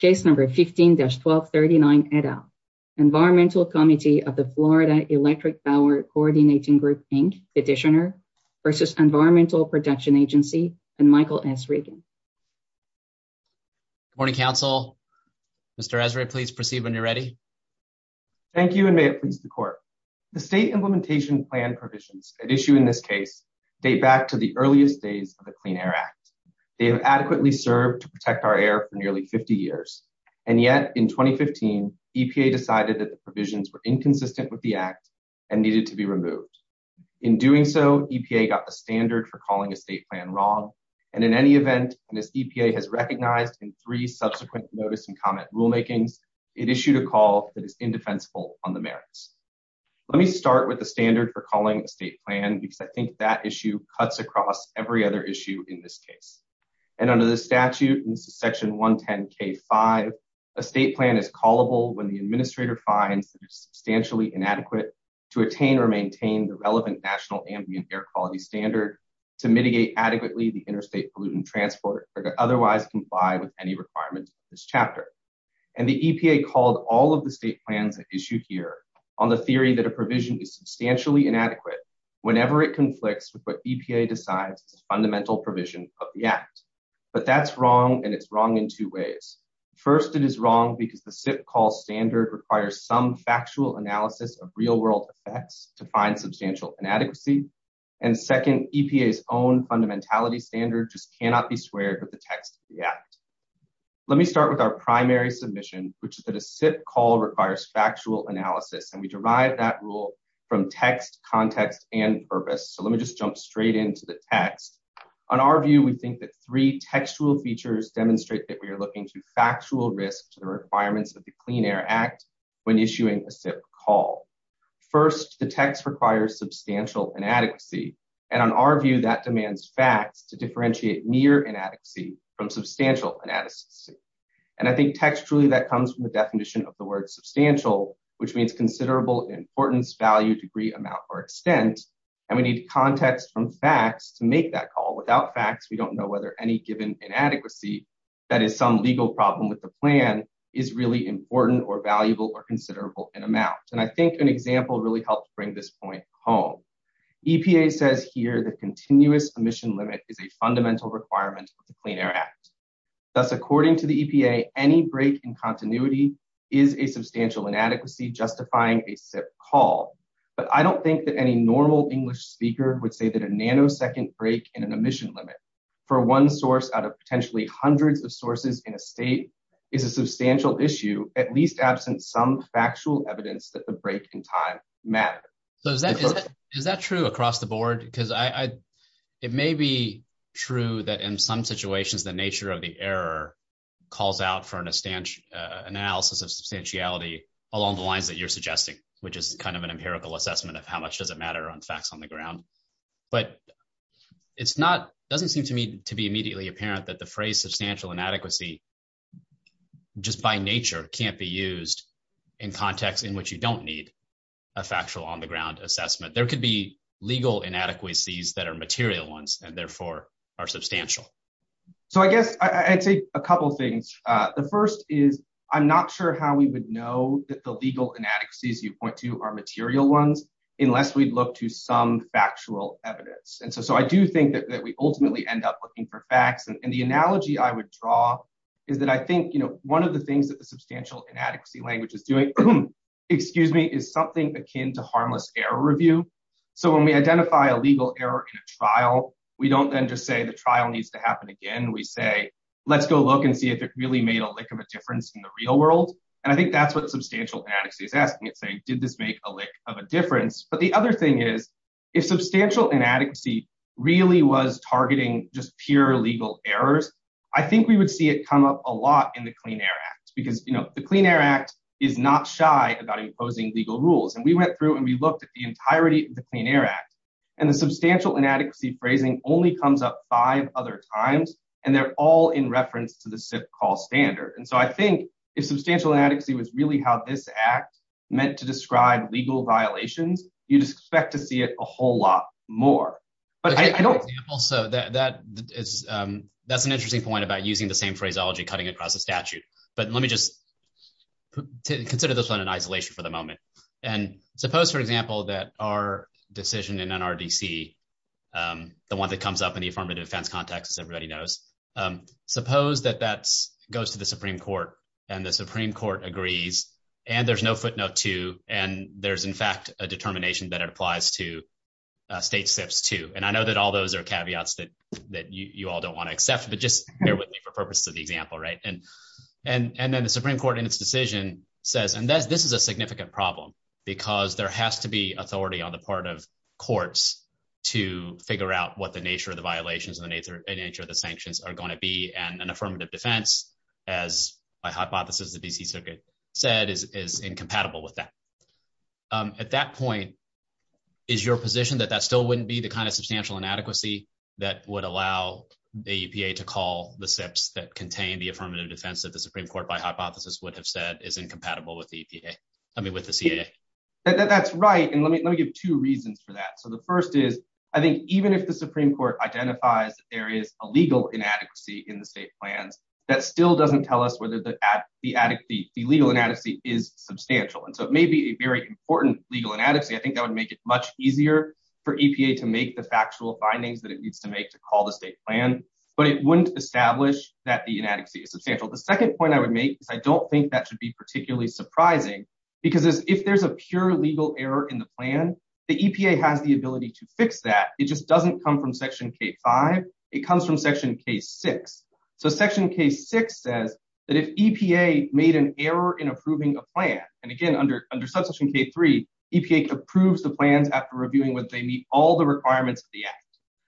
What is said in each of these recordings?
Case number 15-1239 et al. Environmental committee of the Florida Electric Power Coordination Group Inc, petitioner, versus Environmental Protection Agency, and Michael S. Regan. Good morning, Council. Mr. Ezra, please proceed when you're ready. Thank you, and may it please the Court. The state implementation plan provisions at issue in this case date back to the earliest days of the Clean Air Act. They have adequately served to protect our air for nearly 50 years. And yet, in 2015, EPA decided that the provisions were inconsistent with the Act and needed to be removed. In doing so, EPA got the standard for calling a state plan wrong, and in any event, and as EPA has recognized in three subsequent notice and comment rulemaking, it issued a call that is indefensible on the merits. Let me start with the standard for calling a state plan, because I think that issue cuts across every other issue in this case. And under the statute, Section 110K5, a state plan is callable when the administrator finds it is substantially inadequate to attain or maintain the relevant national ambient air quality standard to mitigate adequately the interstate pollutant transport or to otherwise comply with any requirements in this chapter. And the EPA called all of the state plans at issue here on the theory that a provision is substantially inadequate whenever it conflicts with what EPA decides is fundamental provisions of the Act. But that's wrong, and it's wrong in two ways. First, it is wrong because the SIP call standard requires some factual analysis of real-world effects to find substantial inadequacy. And second, EPA's own fundamentality standard just cannot be squared with the text of the Act. Let me start with our primary submission, which is that a SIP call requires factual analysis, and we derive that rule from text, context, and purpose. So let me just jump straight into the text. On our view, we think that three textual features demonstrate that we are looking to factual risk to the requirements of the Clean Air Act when issuing a SIP call. First, the text requires substantial inadequacy, and on our view, that demands facts to differentiate near inadequacy from substantial inadequacy. And I think textually that comes from the definition of the word substantial, which means considerable importance, value, degree, amount, or extent. And we need context from facts to make that call. Without facts, we don't know whether any given inadequacy that is some legal problem with the plan is really important or valuable or considerable in amount. And I think an example really helps bring this point home. EPA says here that continuous emission limit is a fundamental requirement of the Clean Air Act. Thus, according to the EPA, any break in continuity is a substantial inadequacy justifying a SIP call. But I don't think that any normal English speaker would say that a nanosecond break in an emission limit for one source out of potentially hundreds of sources in a state is a substantial issue, at least absent some factual evidence that the break in time matters. Is that true across the board? Because it may be true that in some situations the nature of the error calls out for an analysis of substantiality along the lines that you're suggesting, which is kind of an empirical assessment of how much does it matter on facts on the ground. But it doesn't seem to me to be immediately apparent that the phrase substantial inadequacy just by nature can't be used in context in which you don't need a factual on the ground assessment. There could be legal inadequacies that are material ones and therefore are substantial. So I guess I'd say a couple of things. The first is I'm not sure how we would know that the legal inadequacies you point to are material ones unless we look to some factual evidence. And so I do think that we ultimately end up looking for facts. And the analogy I would draw is that I think one of the things that the substantial inadequacy language is doing is something akin to harmless error review. So when we identify a legal error in a trial, we don't then just say the trial needs to happen again. We say, let's go look and see if it really made a lick of a difference in the real world. And I think that's what substantial inadequacy is asking, is did this make a lick of a difference? But the other thing is, if substantial inadequacy really was targeting just pure legal errors, I think we would see it come up a lot in the Clean Air Act. Because the Clean Air Act is not shy about imposing legal rules. And we went through and we looked at the entirety of the Clean Air Act. And the substantial inadequacy phrasing only comes up five other times. And they're all in reference to the SIPP call standard. And so I think if substantial inadequacy was really how this act meant to describe legal violations, you'd expect to see it a whole lot more. That's an interesting point about using the same phraseology cutting across the statute. But let me just consider this one in isolation for the moment. And suppose, for example, that our decision in NRDC, the one that comes up in the affirmative defense context, as everybody knows, suppose that that goes to the Supreme Court and the Supreme Court agrees and there's no footnote to, and there's, in fact, a determination that applies to state SIPPs, too. And I know that all those are caveats that you all don't want to accept, but just bear with me for purpose of the example, right? And then the Supreme Court in its decision says, and this is a significant problem, because there has to be authority on the part of courts to figure out what the nature of the violations and the nature of the sanctions are going to be. And an affirmative defense, as by hypothesis the D.C. Circuit said, is incompatible with that. At that point, is your position that that still wouldn't be the kind of substantial inadequacy that would allow the EPA to call the SIPPs that contain the affirmative defense that the Supreme Court by hypothesis would have said is incompatible with the EPA, I mean with the CAA? That's right. And let me give two reasons for that. So the first is I think even if the Supreme Court identifies there is a legal inadequacy in the state plan, that still doesn't tell us whether the legal inadequacy is substantial. And so it may be a very important legal inadequacy. I think that would make it much easier for EPA to make the factual findings that it needs to make to call the state plan. But it wouldn't establish that the inadequacy is substantial. The second point I would make is I don't think that should be particularly surprising, because if there's a pure legal error in the plan, the EPA has the ability to fix that. It just doesn't come from Section K-5. It comes from Section K-6. So Section K-6 says that if EPA made an error in approving the plan, and again, under Subsection K-3, EPA approves the plan after reviewing whether they meet all the requirements of the act.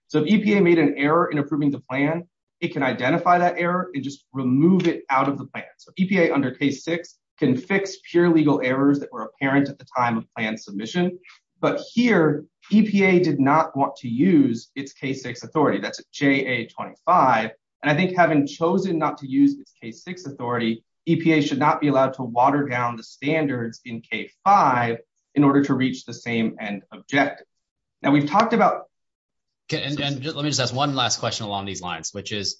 So if EPA made an error in approving the plan, it can identify that error and just remove it out of the plan. So EPA under K-6 can fix pure legal errors that were apparent at the time of plan submission. But here, EPA did not want to use its K-6 authority. That's JA-25. And I think having chosen not to use its K-6 authority, EPA should not be allowed to water down the standards in K-5 in order to reach the same end objective. And we've talked about... Okay, and let me just ask one last question along these lines, which is,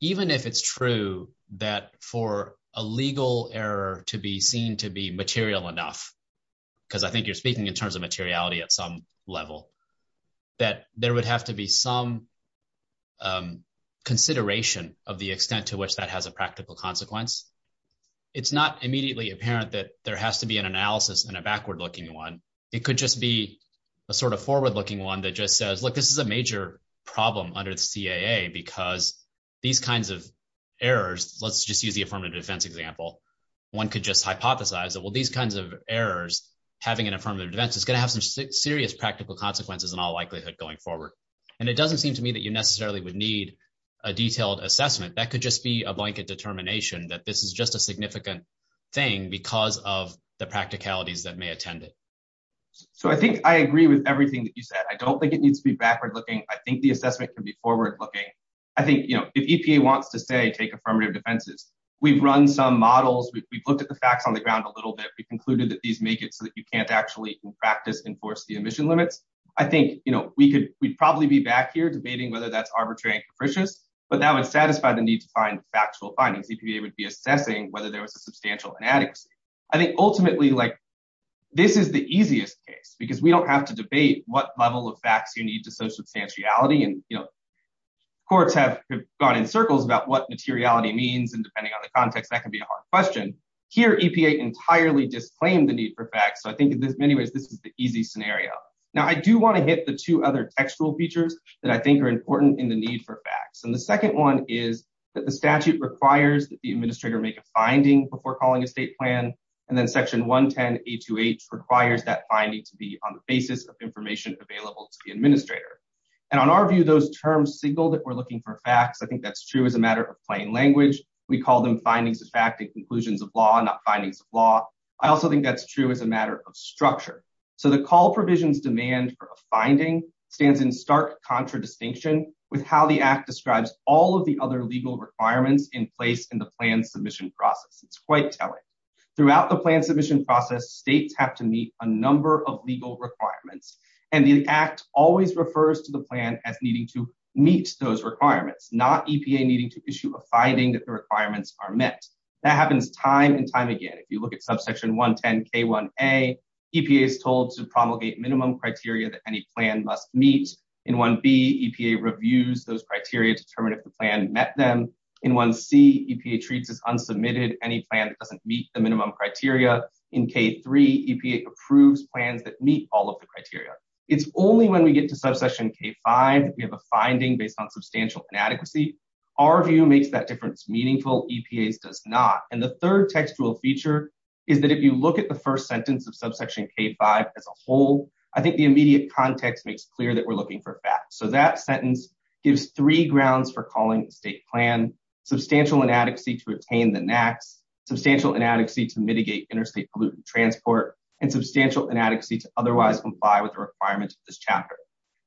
even if it's true that for a legal error to be seen to be material enough, because I think you're speaking in terms of materiality at some level, that there would have to be some consideration of the extent to which that has a practical consequence. It's not immediately apparent that there has to be an analysis in a backward-looking one. It could just be a sort of forward-looking one that just says, look, this is a major problem under the CAA because these kinds of errors... Let's just use the affirmative defense example. One could just hypothesize that, well, these kinds of errors having an affirmative defense is going to have some serious practical consequences in all likelihood going forward. And it doesn't seem to me that you necessarily would need a detailed assessment. That could just be a blanket determination that this is just a significant thing because of the practicalities that may attend it. So I think I agree with everything that you said. I don't think it needs to be backward-looking. I think the assessment can be forward-looking. I think, you know, if EPA wants to say take affirmative defenses, we've run some models. We've looked at the facts on the ground a little bit. We concluded that these make it so that you can't actually in practice enforce the emission limits. I think, you know, we'd probably be back here debating whether that's arbitrary or capricious, but that would satisfy the need to find factual findings. EPA would be assessing whether there was a substantial inadequacy. I think ultimately, like, this is the easiest case because we don't have to debate what level of facts you need to show substantiality. And, you know, courts have gone in circles about what materiality means, and depending on the context, that can be a hard question. Here, EPA entirely disclaimed the need for facts. So I think in many ways this is the easy scenario. Now, I do want to hit the two other textual features that I think are important in the need for facts. And the second one is that the statute requires that the administrator make a finding before calling a state plan, and then Section 110.828 requires that finding to be on the basis of information available to the administrator. And on our view, those terms signal that we're looking for facts. I think that's true as a matter of plain language. We call them findings of fact and conclusions of law, not findings of law. I also think that's true as a matter of structure. So the call provision's demand for a finding stands in stark contradistinction with how the Act describes all of the other legal requirements in place in the plan submission process. It's quite telling. Throughout the plan submission process, states have to meet a number of legal requirements, and the Act always refers to the plan as needing to meet those requirements, not EPA needing to issue a finding that the requirements are met. That happens time and time again. If you look at Subsection 110k1a, EPA is told to promulgate minimum criteria that any plan must meet. In 1b, EPA reviews those criteria to determine if the plan met them. In 1c, EPA treats as unsubmitted any plan that doesn't meet the minimum criteria. In k3, EPA approves plans that meet all of the criteria. It's only when we get to Subsection k5 we have a finding based on substantial inadequacy. Our view makes that difference meaningful. EPA's does not. And the third textual feature is that if you look at the first sentence of Subsection k5 as a whole, I think the immediate context makes clear that we're looking for facts. So that sentence gives three grounds for calling the state plan substantial inadequacy to attain the NAAQ, substantial inadequacy to mitigate interstate pollutant transport, and substantial inadequacy to otherwise comply with the requirements of this chapter.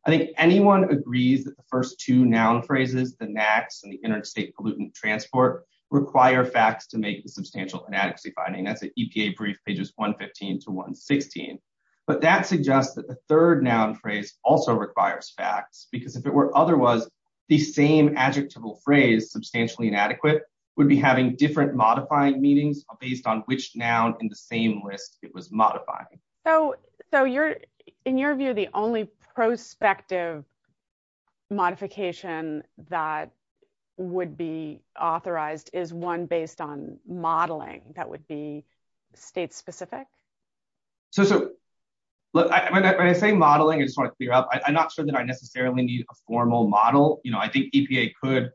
I think anyone agrees that the first two noun phrases, the NAAQ and the interstate pollutant transport, require facts to make the substantial inadequacy finding. That's the EPA brief pages 115 to 116. But that suggests that the third noun phrase also requires facts. Because if it were otherwise, the same adjectival phrase, substantially inadequate, would be having different modifying meanings based on which noun in the same list it was modifying. So in your view, the only prospective modification that would be authorized is one based on modeling. That would be state specific? So when I say modeling, I just want to clear up, I'm not sure that I necessarily need a formal model. You know, I think EPA could,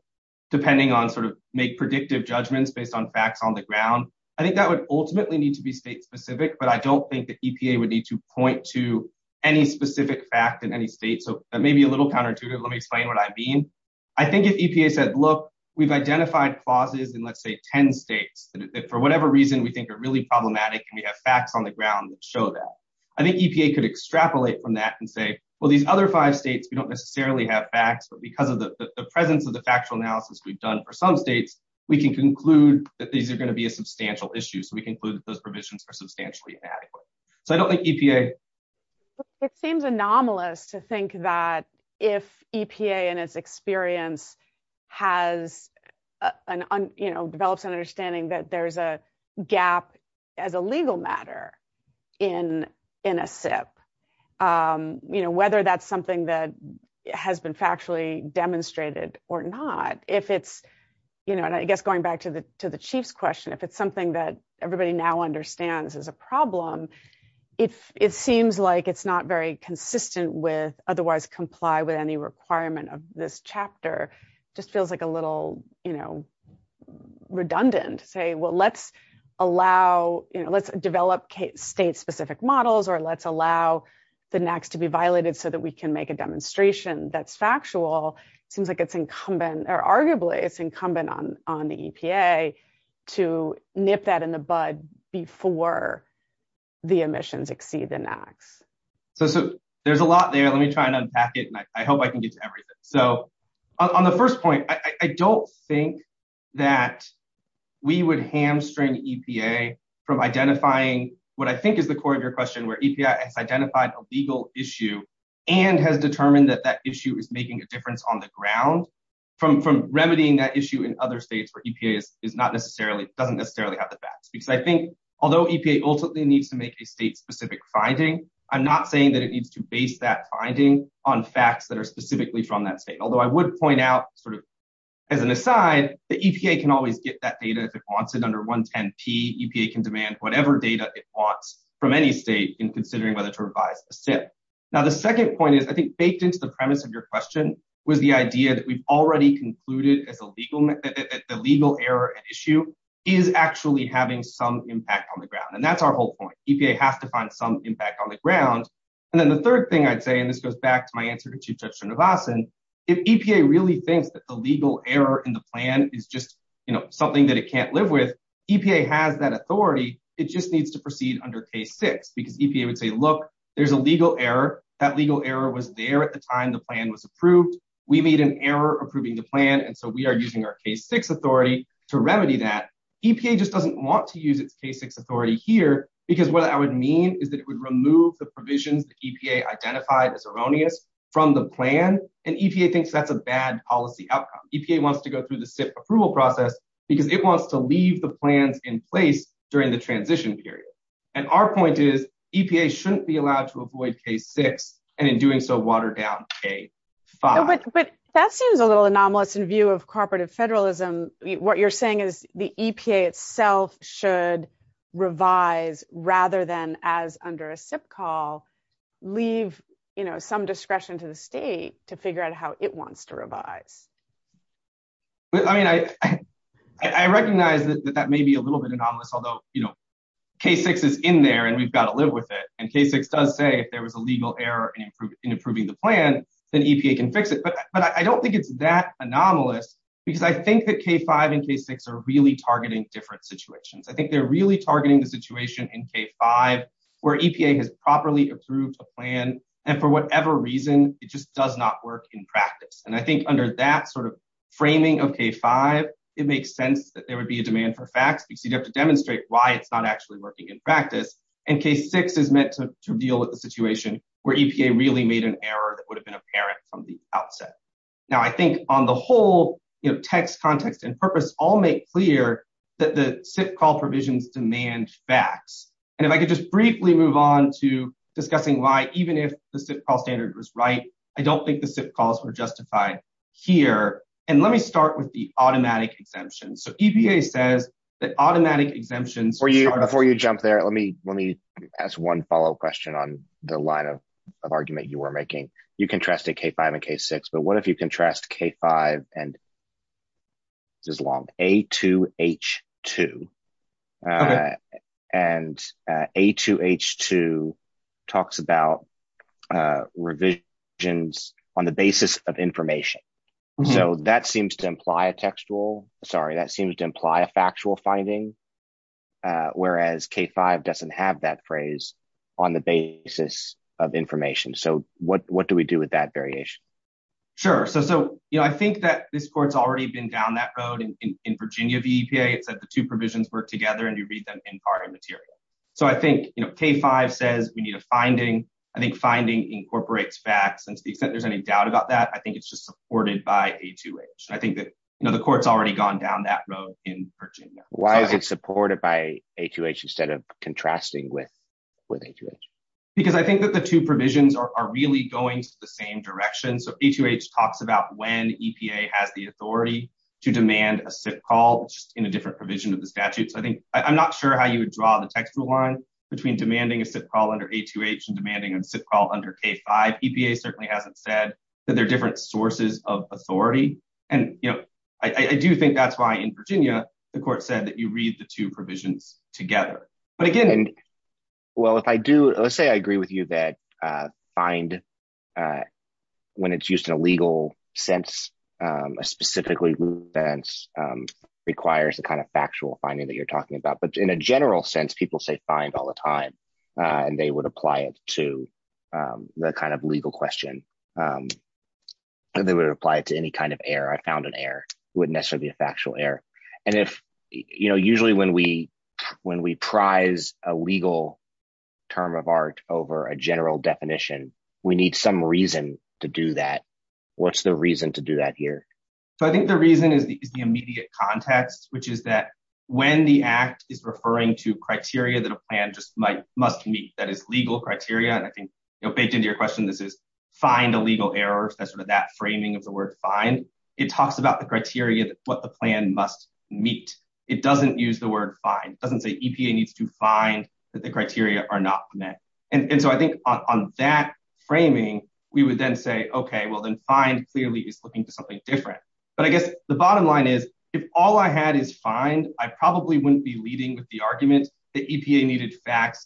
depending on sort of make predictive judgments based on facts on the ground. I think that would ultimately need to be state specific, but I don't think that EPA would need to point to any specific facts in any state. So that may be a little counterintuitive. Let me explain what I mean. I think if EPA says, look, we've identified positives in, let's say, 10 states, that for whatever reason we think are really problematic and we have facts on the ground that show that. I think EPA could extrapolate from that and say, well, these other five states, we don't necessarily have facts, but because of the presence of the factual analysis we've done for some states, we can conclude that these are going to be a substantial issue. So we conclude that those provisions are substantially inadequate. So I don't think EPA. It seems anomalous to think that if EPA in its experience has, you know, developed an understanding that there's a gap as a legal matter in a SIP, you know, whether that's something that has been factually demonstrated or not. If it's, you know, and I guess going back to the to the chief's question, if it's something that everybody now understands is a problem, it's it seems like it's not very consistent with otherwise comply with any requirement of this chapter. Just feels like a little, you know, redundant. Well, let's allow, you know, let's develop state specific models or let's allow the next to be violated so that we can make a demonstration that's factual. Seems like it's incumbent or arguably it's incumbent on the EPA to nip that in the bud before the emissions exceed the max. So there's a lot there. Let me try to unpack it. I hope I can get to everything. So on the first point, I don't think that we would hamstring EPA from identifying what I think is the core of your question, where EPA has identified a legal issue and has determined that that issue is making a difference on the ground from from remedying that issue in other states where EPA is not necessarily doesn't necessarily have the facts. Because I think although EPA ultimately needs to make a state specific finding, I'm not saying that it needs to base that finding on facts that are specifically from that state. Although I would point out sort of as an aside, the EPA can always get that data if it wants it under 110P. EPA can demand whatever data it wants from any state in considering whether to revise the SIP. Now, the second point is I think baked into the premise of your question was the idea that we've already concluded that the legal error issue is actually having some impact on the ground. And that's our whole point. EPA has to find some impact on the ground. And then the third thing I'd say, and this goes back to my answer to Chief Justice Navasan, if EPA really thinks that the legal error in the plan is just something that it can't live with, EPA has that authority. It just needs to proceed under K-6 because EPA would say, look, there's a legal error. That legal error was there at the time the plan was approved. We made an error approving the plan. And so we are using our K-6 authority to remedy that. EPA just doesn't want to use its K-6 authority here because what that would mean is it would remove the provisions that EPA identified as erroneous from the plan. And EPA thinks that's a bad policy outcome. EPA wants to go through the SIP approval process because it wants to leave the plan in place during the transition period. And our point is EPA shouldn't be allowed to avoid K-6 and in doing so, water down K-5. But that seems a little anomalous in view of cooperative federalism. What you're saying is the EPA itself should revise rather than, as under a SIP call, leave some discretion to the state to figure out how it wants to revise. I recognize that that may be a little bit anomalous, although K-6 is in there and we've got to live with it. And K-6 does say if there was a legal error in approving the plan, then EPA can fix it. But I don't think it's that anomalous because I think that K-5 and K-6 are really targeting different situations. I think they're really targeting the situation in K-5 where EPA has properly approved the plan. And for whatever reason, it just does not work in practice. And I think under that sort of framing of K-5, it makes sense that there would be a demand for facts because you have to demonstrate why it's not actually working in practice. And K-6 is meant to deal with the situation where EPA really made an error that would have been apparent from the outset. Now, I think on the whole, text, context, and purpose all make clear that the SIP call provisions demand facts. And if I could just briefly move on to discussing why, even if the SIP call standard was right, I don't think the SIP calls were justified here. And let me start with the automatic exemptions. So EPA says that automatic exemptions are— Before you jump there, let me ask one follow-up question on the line of argument you were making. You contrasted K-5 and K-6, but what if you contrast K-5 and—this is long—A2H2? And A2H2 talks about revisions on the basis of information. So that seems to imply a textual—sorry, that seems to imply a factual finding, whereas K-5 doesn't have that phrase on the basis of information. So what do we do with that variation? Sure. So I think that this court's already been down that road in Virginia, the EPA, that the two provisions work together and you read them in part or material. So I think K-5 says we need a finding. I think finding incorporates facts. And if there's any doubt about that, I think it's just supported by A2H. I think that the court's already gone down that road in Virginia. Why is it supported by A2H instead of contrasting with A2H? Because I think that the two provisions are really going to the same direction. So A2H talks about when EPA has the authority to demand a SIP call in a different provision of the statute. So I think—I'm not sure how you would draw the textual line between demanding a SIP call under A2H and demanding a SIP call under K-5. EPA certainly hasn't said that they're different sources of authority. And, you know, I do think that's why in Virginia the court said that you read the two provisions together. Again, well, if I do—let's say I agree with you that find, when it's used in a legal sense, a specifically legal sense, requires the kind of factual finding that you're talking about. But in a general sense, people say find all the time, and they would apply it to the kind of legal question. And they would apply it to any kind of error. I found an error. It wouldn't necessarily be a factual error. And if—you know, usually when we prize a legal term of art over a general definition, we need some reason to do that. What's the reason to do that here? So I think the reason is the immediate context, which is that when the Act is referring to criteria that a plan just might—must meet that is legal criteria, and I think, you know, baked into your question, this is find a legal error, especially with that framing of the word find. It talks about the criteria that what the plan must meet. It doesn't use the word find. It doesn't say EPA needs to find that the criteria are not met. And so I think on that framing, we would then say, okay, well, then find clearly is looking for something different. But I guess the bottom line is, if all I had is find, I probably wouldn't be leading the argument that EPA needed facts.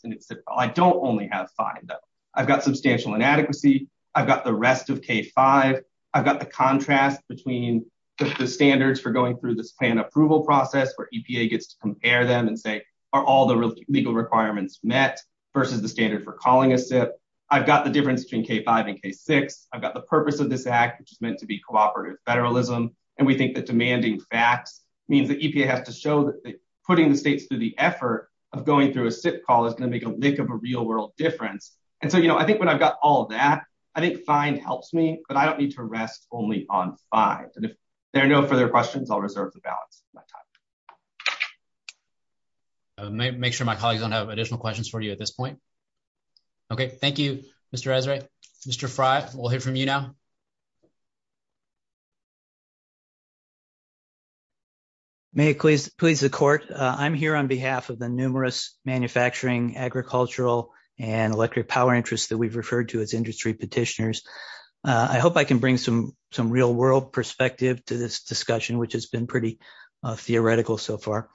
I don't only have find. I've got substantial inadequacy. I've got the rest of K-5. I've got the contrast between the standards for going through this plan approval process where EPA gets to compare them and say, are all the legal requirements met versus the standard for calling a SIP? I've got the difference between K-5 and K-6. I've got the purpose of this Act, which is meant to be cooperative federalism. And we think that demanding facts means that EPA has to show that putting the states through the effort of going through a SIP call is going to make a lick of a real world difference. And so, you know, I think when I've got all that, I think find helps me, but I don't need to rest only on find. If there are no further questions, I'll reserve the balance. I'll make sure my colleagues don't have additional questions for you at this point. Okay. Thank you, Mr. Esrey. Mr. Frey, we'll hear from you now. May it please the court. I'm here on behalf of the numerous manufacturing, agricultural, and electric power interests that we've referred to as industry petitioners. I hope I can bring some real world perspective to this discussion, which has been pretty theoretical so far.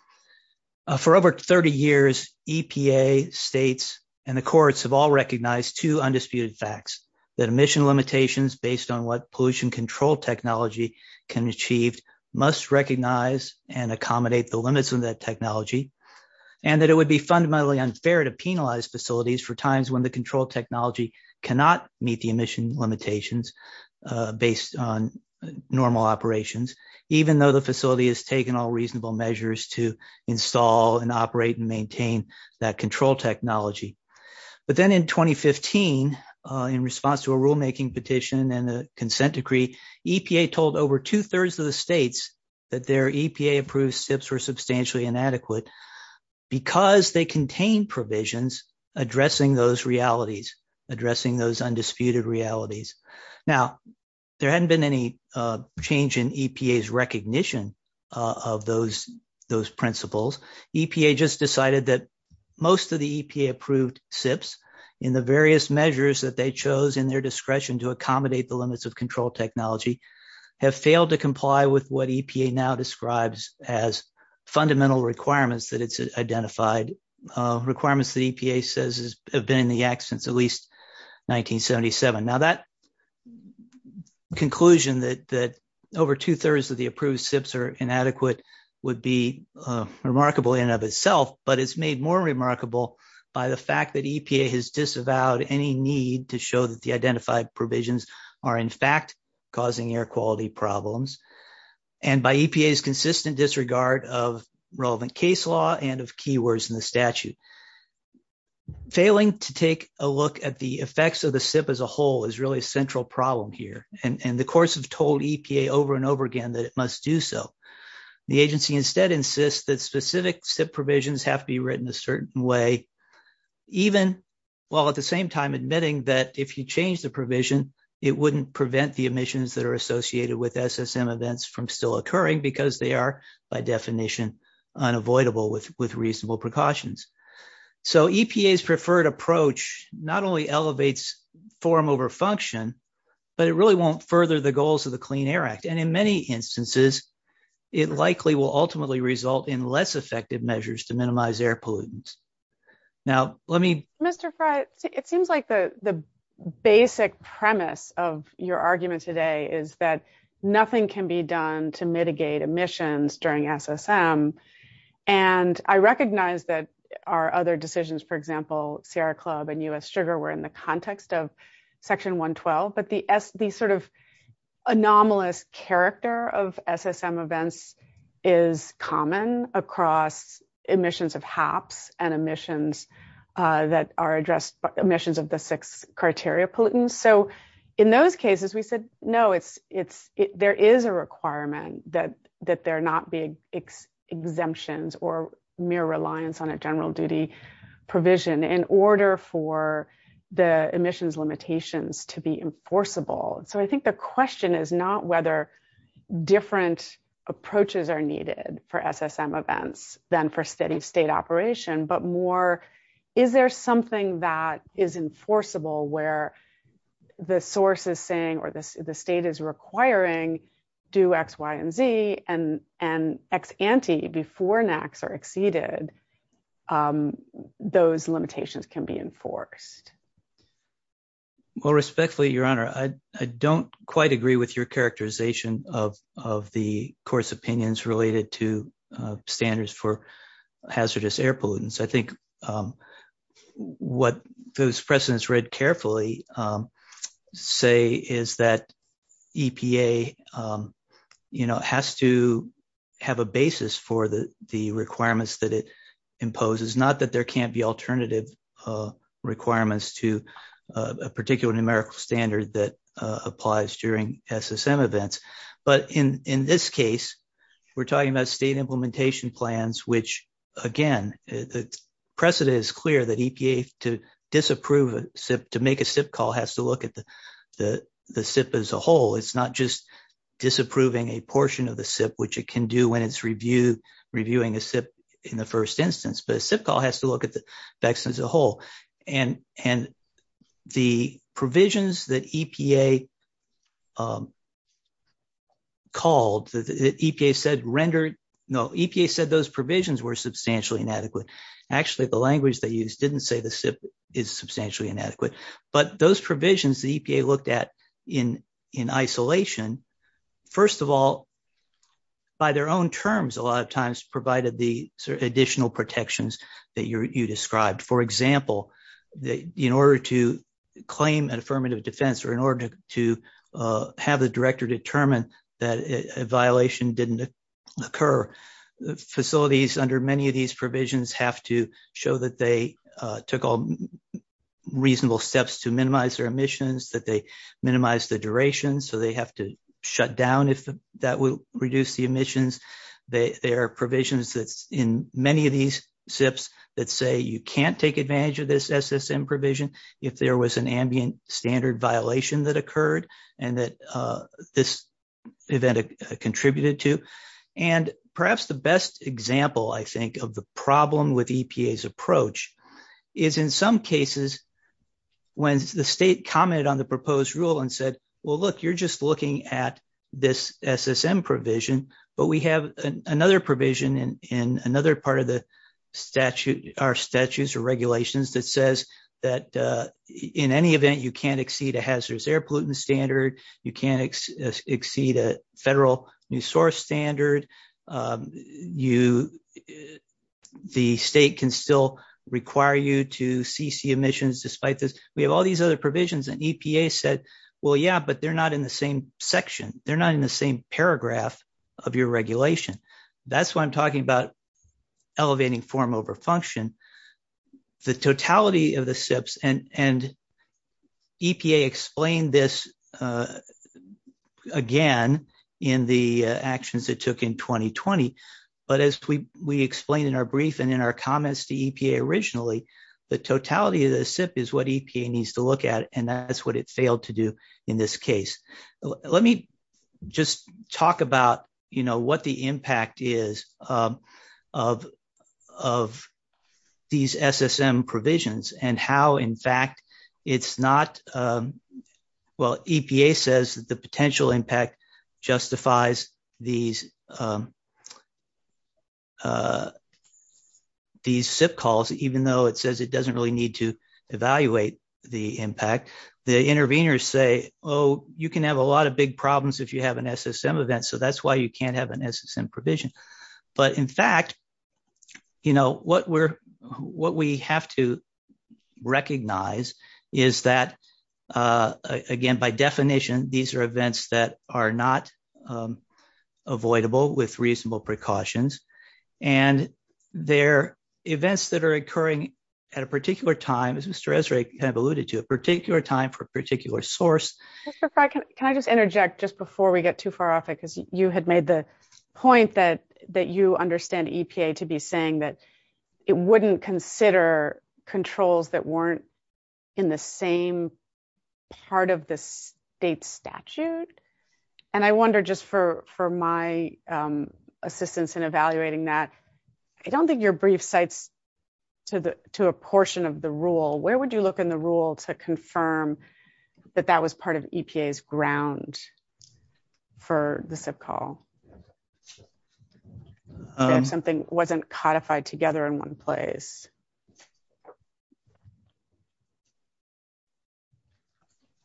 For over 30 years, EPA, states, and the courts have all recognized two undisputed facts. That emission limitations based on what pollution control technology can achieve must recognize and accommodate the limits of that technology. And that it would be fundamentally unfair to penalize facilities for times when the control technology cannot meet the emission limitations based on normal operations. Even though the facility has taken all reasonable measures to install and operate and maintain that control technology. But then in 2015, in response to a rulemaking petition and a consent decree, EPA told over two-thirds of the states that their EPA approved SIPs were substantially inadequate. Because they contain provisions addressing those realities, addressing those undisputed realities. Now, there hadn't been any change in EPA's recognition of those principles. EPA just decided that most of the EPA approved SIPs, in the various measures that they chose in their discretion to accommodate the limits of control technology, have failed to comply with what EPA now describes as fundamental requirements that it's identified. Requirements that EPA says have been in the acts since at least 1977. Now, that conclusion that over two-thirds of the approved SIPs are inadequate would be remarkable in and of itself. But it's made more remarkable by the fact that EPA has disavowed any need to show that the identified provisions are in fact causing air quality problems. And by EPA's consistent disregard of relevant case law and of key words in the statute. Failing to take a look at the effects of the SIP as a whole is really a central problem here. And the courts have told EPA over and over again that it must do so. The agency instead insists that specific SIP provisions have to be written a certain way. While at the same time admitting that if you change the provision, it wouldn't prevent the emissions that are associated with SSM events from still occurring because they are, by definition, unavoidable with reasonable precautions. So EPA's preferred approach not only elevates form over function, but it really won't further the goals of the Clean Air Act. And in many instances, it likely will ultimately result in less effective measures to minimize air pollutants. Now, let me... Mr. Frey, it seems like the basic premise of your argument today is that nothing can be done to mitigate emissions during SSM. And I recognize that our other decisions, for example, Sierra Club and U.S. Sugar were in the context of Section 112. But the sort of anomalous character of SSM events is common across emissions of HAPS and emissions that are addressed by emissions of the six criteria pollutants. So in those cases, we could know there is a requirement that there not be exemptions or mere reliance on a general duty provision in order for the emissions limitations to be enforceable. So I think the question is not whether different approaches are needed for SSM events than for steady state operation, but more, is there something that is enforceable where the source is saying or the state is requiring do X, Y, and Z and X ante before and X are exceeded, those limitations can be enforced? Well, respectfully, Your Honor, I don't quite agree with your characterization of the court's opinions related to standards for hazardous air pollutants. I think what those precedents read carefully say is that EPA has to have a basis for the requirements that it imposes, not that there can't be alternative requirements to a particular numerical standard that applies during SSM events. But in this case, we're talking about state implementation plans, which, again, the precedent is clear that EPA, to disapprove a SIP, to make a SIP call, has to look at the SIP as a whole. It's not just disapproving a portion of the SIP, which it can do when it's reviewing a SIP in the first instance. The SIP call has to look at the SIP as a whole, and the provisions that EPA called, that EPA said rendered, no, EPA said those provisions were substantially inadequate. Actually, the language they used didn't say the SIP is substantially inadequate, but those provisions that EPA looked at in isolation, first of all, by their own terms, a lot of times, provided the additional protections that you described. For example, in order to claim an affirmative defense or in order to have the director determine that a violation didn't occur, facilities, under many of these provisions, have to show that they took all reasonable steps to minimize their emissions, that they minimized the duration, so they have to shut down if that would reduce the emissions. There are provisions in many of these SIPs that say you can't take advantage of this SSM provision if there was an ambient standard violation that occurred and that this event contributed to. Perhaps the best example, I think, of the problem with EPA's approach is, in some cases, when the state commented on the proposed rule and said, well, look, you're just looking at this SSM provision, but we have another provision in another part of the standard. The state can still require you to CC emissions despite this. We have all these other provisions and EPA said, well, yeah, but they're not in the same section. They're not in the same paragraph of your regulation. That's why I'm talking about elevating form over function. The totality of the SIPs, and EPA explained this again in the actions it took in 2020, but as we explained in our brief and in our comments to EPA originally, the totality of the SIP is what EPA needs to look at, and that's what it failed to do in this case. Let me just talk about what the impact is of these SSM provisions and how, in fact, it's not – well, EPA says the potential impact justifies these SIP calls, even though it says it doesn't really need to evaluate the impact. The interveners say, oh, you can have a lot of big problems if you have an SSM event, so that's why you can't have an SSM provision. In fact, what we have to recognize is that, again, by definition, these are events that are not avoidable with reasonable precautions, and they're events that are occurring at a particular time, as Mr. Esrae alluded to, a particular time for a particular source. Can I just interject just before we get too far off? You had made the point that you understand EPA to be saying that it wouldn't consider controls that weren't in the same part of the state statute. I wonder, just for my assistance in evaluating that, I don't think you're brief sight to a portion of the rule. Where would you look in the rule to confirm that that was part of EPA's ground for the SIP call, that something wasn't codified together in one place?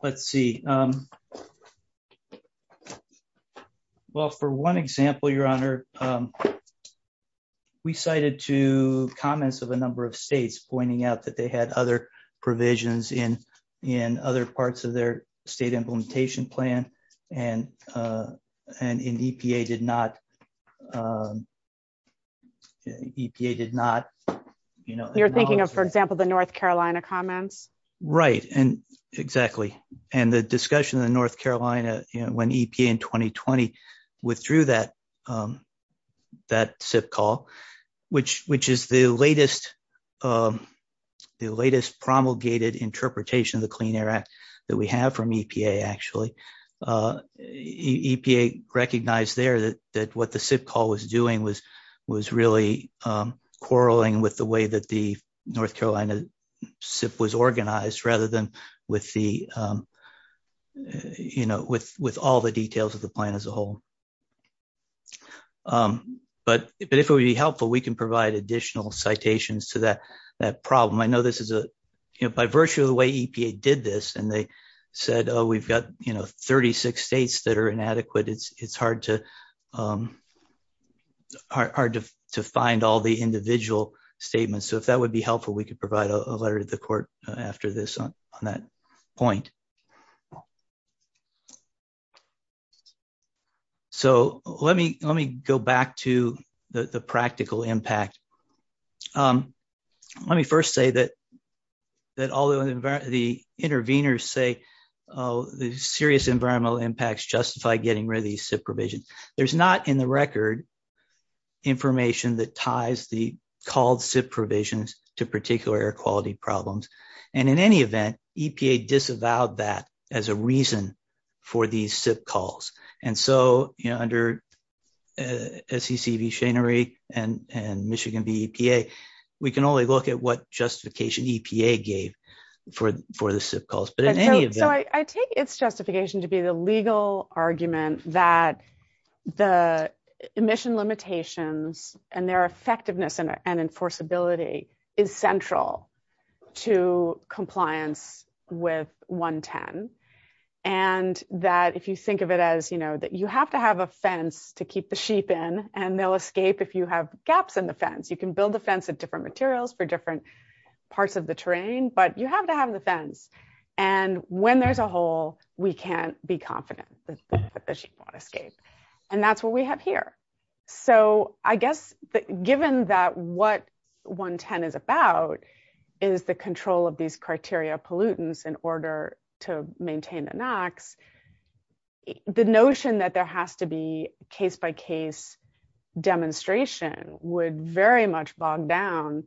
Let's see. Well, for one example, Your Honor, we cited two comments of a number of states pointing out that they had other provisions in other parts of their state implementation plan, and EPA did not. You're thinking of, for example, the North Carolina comments? Right, exactly, and the discussion in North Carolina when EPA in 2020 withdrew that SIP call, which is the latest promulgated interpretation of the Clean Air Act that we have from EPA, actually. EPA recognized there that what the SIP call was doing was really quarreling with the way that the North Carolina SIP was organized, rather than with all the details of the plan as a whole. But if it would be helpful, we can provide additional citations to that problem. I know this is a – by virtue of the way EPA did this, and they said, oh, we've got 36 states that are inadequate, it's hard to find all the individual statements. So if that would be helpful, we could provide a letter to the court after this on that point. So let me go back to the practical impact. Let me first say that although the intervenors say the serious environmental impacts justify getting rid of these SIP provisions, there's not in the record information that ties the called SIP provisions to particular air quality problems. And in any event, EPA disavowed that as a reason for these SIP calls. And so under SEC v. Shannery and Michigan v. EPA, we can only look at what justification EPA gave for the SIP calls. But in any event – So I take its justification to be the legal argument that the emission limitations and their effectiveness and enforceability is central to compliance with 110, and that if you think of it as, you know, that you have to have a fence to keep the sheep in, and they'll escape if you have gaps in the fence. You can build a fence of different materials for different parts of the terrain, but you have to have the fence. And when there's a hole, we can't be confident that the sheep won't escape. And that's what we have here. So I guess given that what 110 is about is the control of these criteria pollutants in order to maintain an act, the notion that there has to be case-by-case demonstration would very much bog down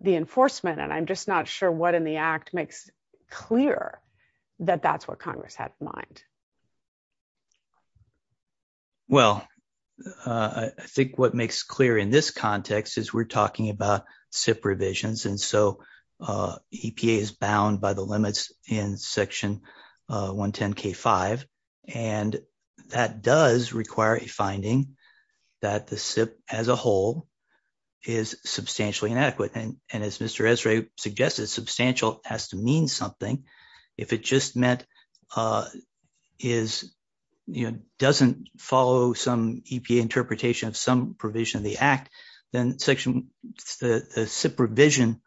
the enforcement. And I'm just not sure what in the act makes clear that that's what Congress has in mind. Well, I think what makes clear in this context is we're talking about SIP revisions. And so EPA is bound by the limits in Section 110K5. And that does require a finding that the SIP as a whole is substantially inadequate. And as Mr. Esrae suggested, substantial has to mean something. If it just meant is, you know, doesn't follow some EPA interpretation of some provision of the act, then Section – the SIP revision,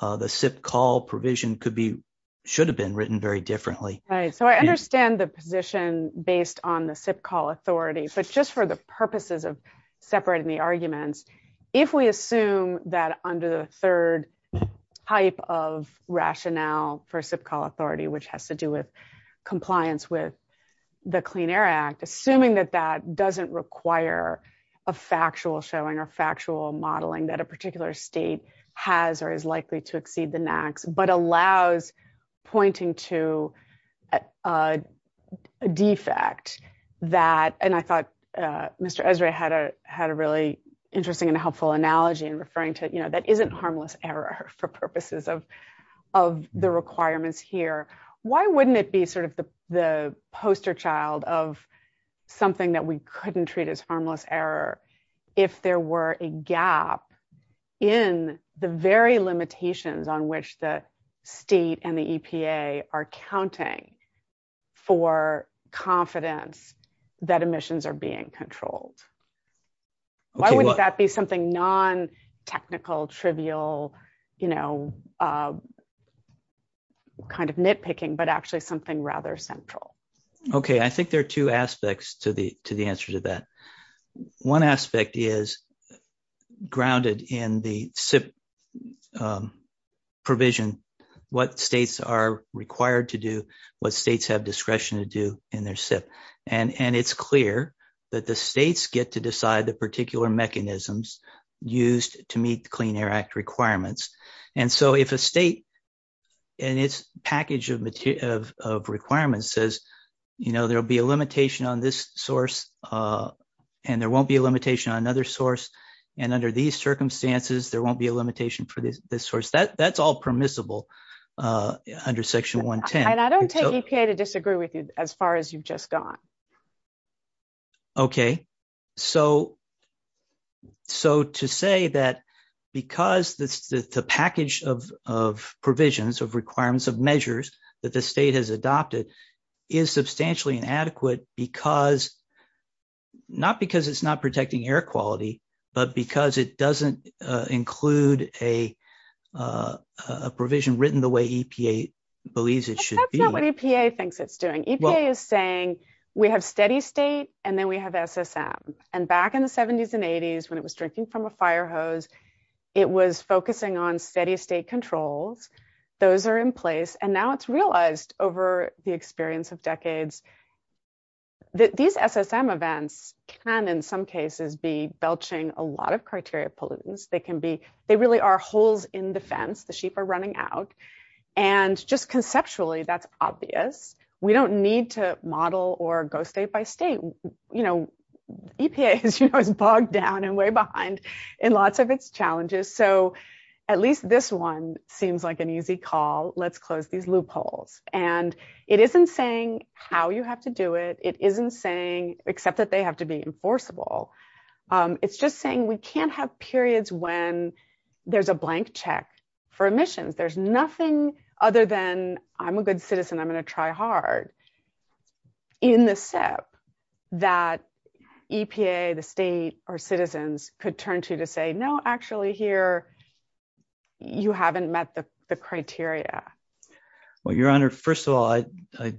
the SIP call provision could be – should have been written very differently. Right. So I understand the position based on the SIP call authority. But just for the purposes of separating the arguments, if we assume that under the third type of rationale for SIP call authority, which has to do with compliance with the Clean Air Act, assuming that that doesn't require a factual showing or factual modeling that a particular state has or is likely to exceed the NAAQS, but allows pointing to a defect that – and I thought Mr. Esrae had a really interesting and helpful analogy in referring to, you know, that isn't harmless error for purposes of the requirements here. Why wouldn't it be sort of the poster child of something that we couldn't treat as harmless error if there were a gap in the very limitations on which the state and the EPA are counting for confidence that emissions are being controlled? Why wouldn't that be something non-technical, trivial, you know, kind of nitpicking, but actually something rather central? Okay. I think there are two aspects to the answer to that. One aspect is grounded in the SIP provision, what states are required to do, what states have discretion to do in their SIP. And it's clear that the states get to decide the particular mechanisms used to meet the Clean Air Act requirements. And so if a state and its package of requirements says, you know, there will be a limitation on this source and there won't be a limitation on another source, and under these circumstances, there won't be a limitation for this source, that's all permissible under Section 110. And I don't take EPA to disagree with you as far as you've just gone. Okay. So to say that because the package of provisions, of requirements, of measures that the state has adopted is substantially inadequate because, not because it's not protecting air quality, but because it doesn't include a provision written the way EPA believes it should be. That's not what EPA thinks it's doing. EPA is saying, we have steady state, and then we have SSM. And back in the 70s and 80s, when it was drinking from a fire hose, it was focusing on steady state controls. Those are in place. And now it's realized over the experience of decades that these SSM events can, in some cases, be belching a lot of criteria pollutants. They really are holes in the fence. The sheep are running out. And just conceptually, that's obvious. We don't need to model or go state by state. EPA is bogged down and way behind in lots of its challenges. So at least this one seems like an easy call. Let's close these loopholes. And it isn't saying how you have to do it. It isn't saying, except that they have to be enforceable. It's just saying we can't have periods when there's a blank check for emissions. There's nothing other than, I'm a good citizen, I'm going to try hard, in the SIP that EPA, the state, or citizens could turn to to say, no, actually, here, you haven't met the criteria. First of all, I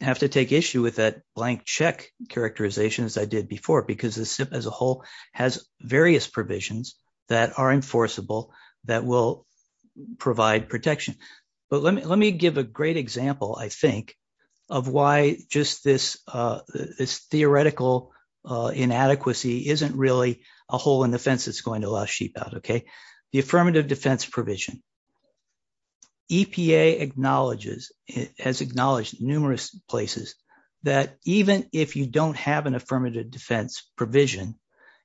have to take issue with that blank check characterization that I did before, because the SIP as a whole has various provisions that are enforceable that will provide protection. But let me give a great example, I think, of why just this theoretical inadequacy isn't really a hole in the fence that's going to allow sheep out, okay? The affirmative defense provision. EPA acknowledges, has acknowledged numerous places, that even if you don't have an affirmative defense provision,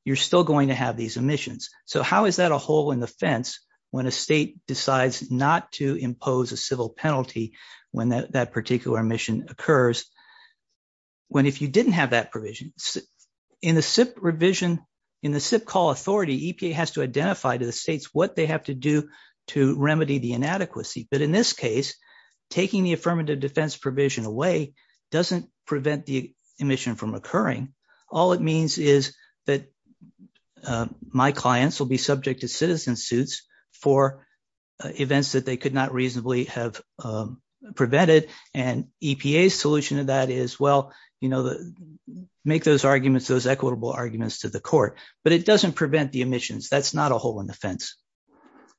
you're still going to have these emissions. So how is that a hole in the fence when a state decides not to impose a civil penalty when that particular mission occurs? When, if you didn't have that provision, in the SIP revision, in the SIP call authority, EPA has to identify to the states what they have to do to remedy the inadequacy. But in this case, taking the affirmative defense provision away doesn't prevent the emission from occurring. All it means is that my clients will be subject to citizen suits for events that they could not reasonably have prevented. And EPA's solution to that is, well, you know, make those arguments, those equitable arguments to the court. But it doesn't prevent the emissions. That's not a hole in the fence.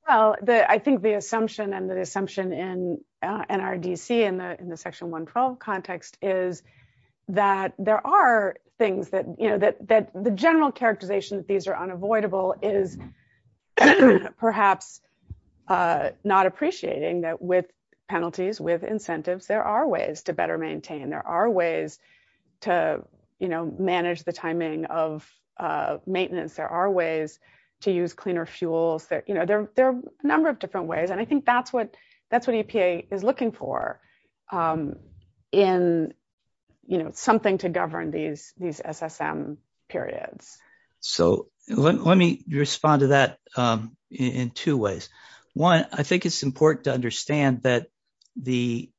Well, I think the assumption and the assumption in NRDC in the Section 112 context is that there are things that, you know, that the general characterization that these are unavoidable is perhaps not appreciating that with penalties, with incentives, there are ways to better maintain. There are ways to, you know, manage the timing of maintenance. There are ways to use cleaner fuel. You know, there are a number of different ways. And I think that's what EPA is looking for in, you know, something to govern these SSM periods. So let me respond to that in two ways. One, I think it's important to understand that the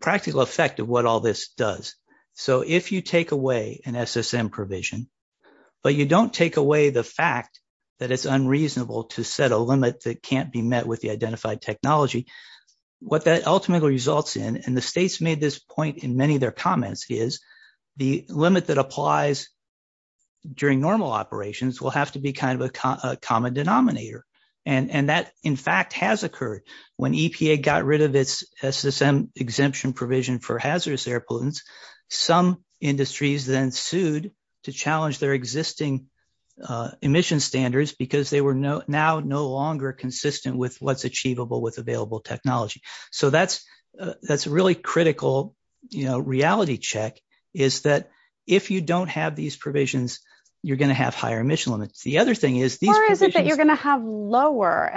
practical effect of what all this does. So if you take away an SSM provision, but you don't take away the fact that it's unreasonable to set a limit that can't be met with the identified technology, what that ultimately results in, and the states made this point in many of their comments, is the limit that applies during normal operations will have to be kind of a common denominator. And that, in fact, has occurred. When EPA got rid of its SSM exemption provision for hazardous air pollutants, some industries then sued to challenge their existing emission standards because they were now no longer consistent with what's achievable with available technology. So that's a really critical, you know, reality check, is that if you don't have these provisions, you're going to have higher emission limits. The other thing is these provisions... And so there are going to be times when you can have exceedances.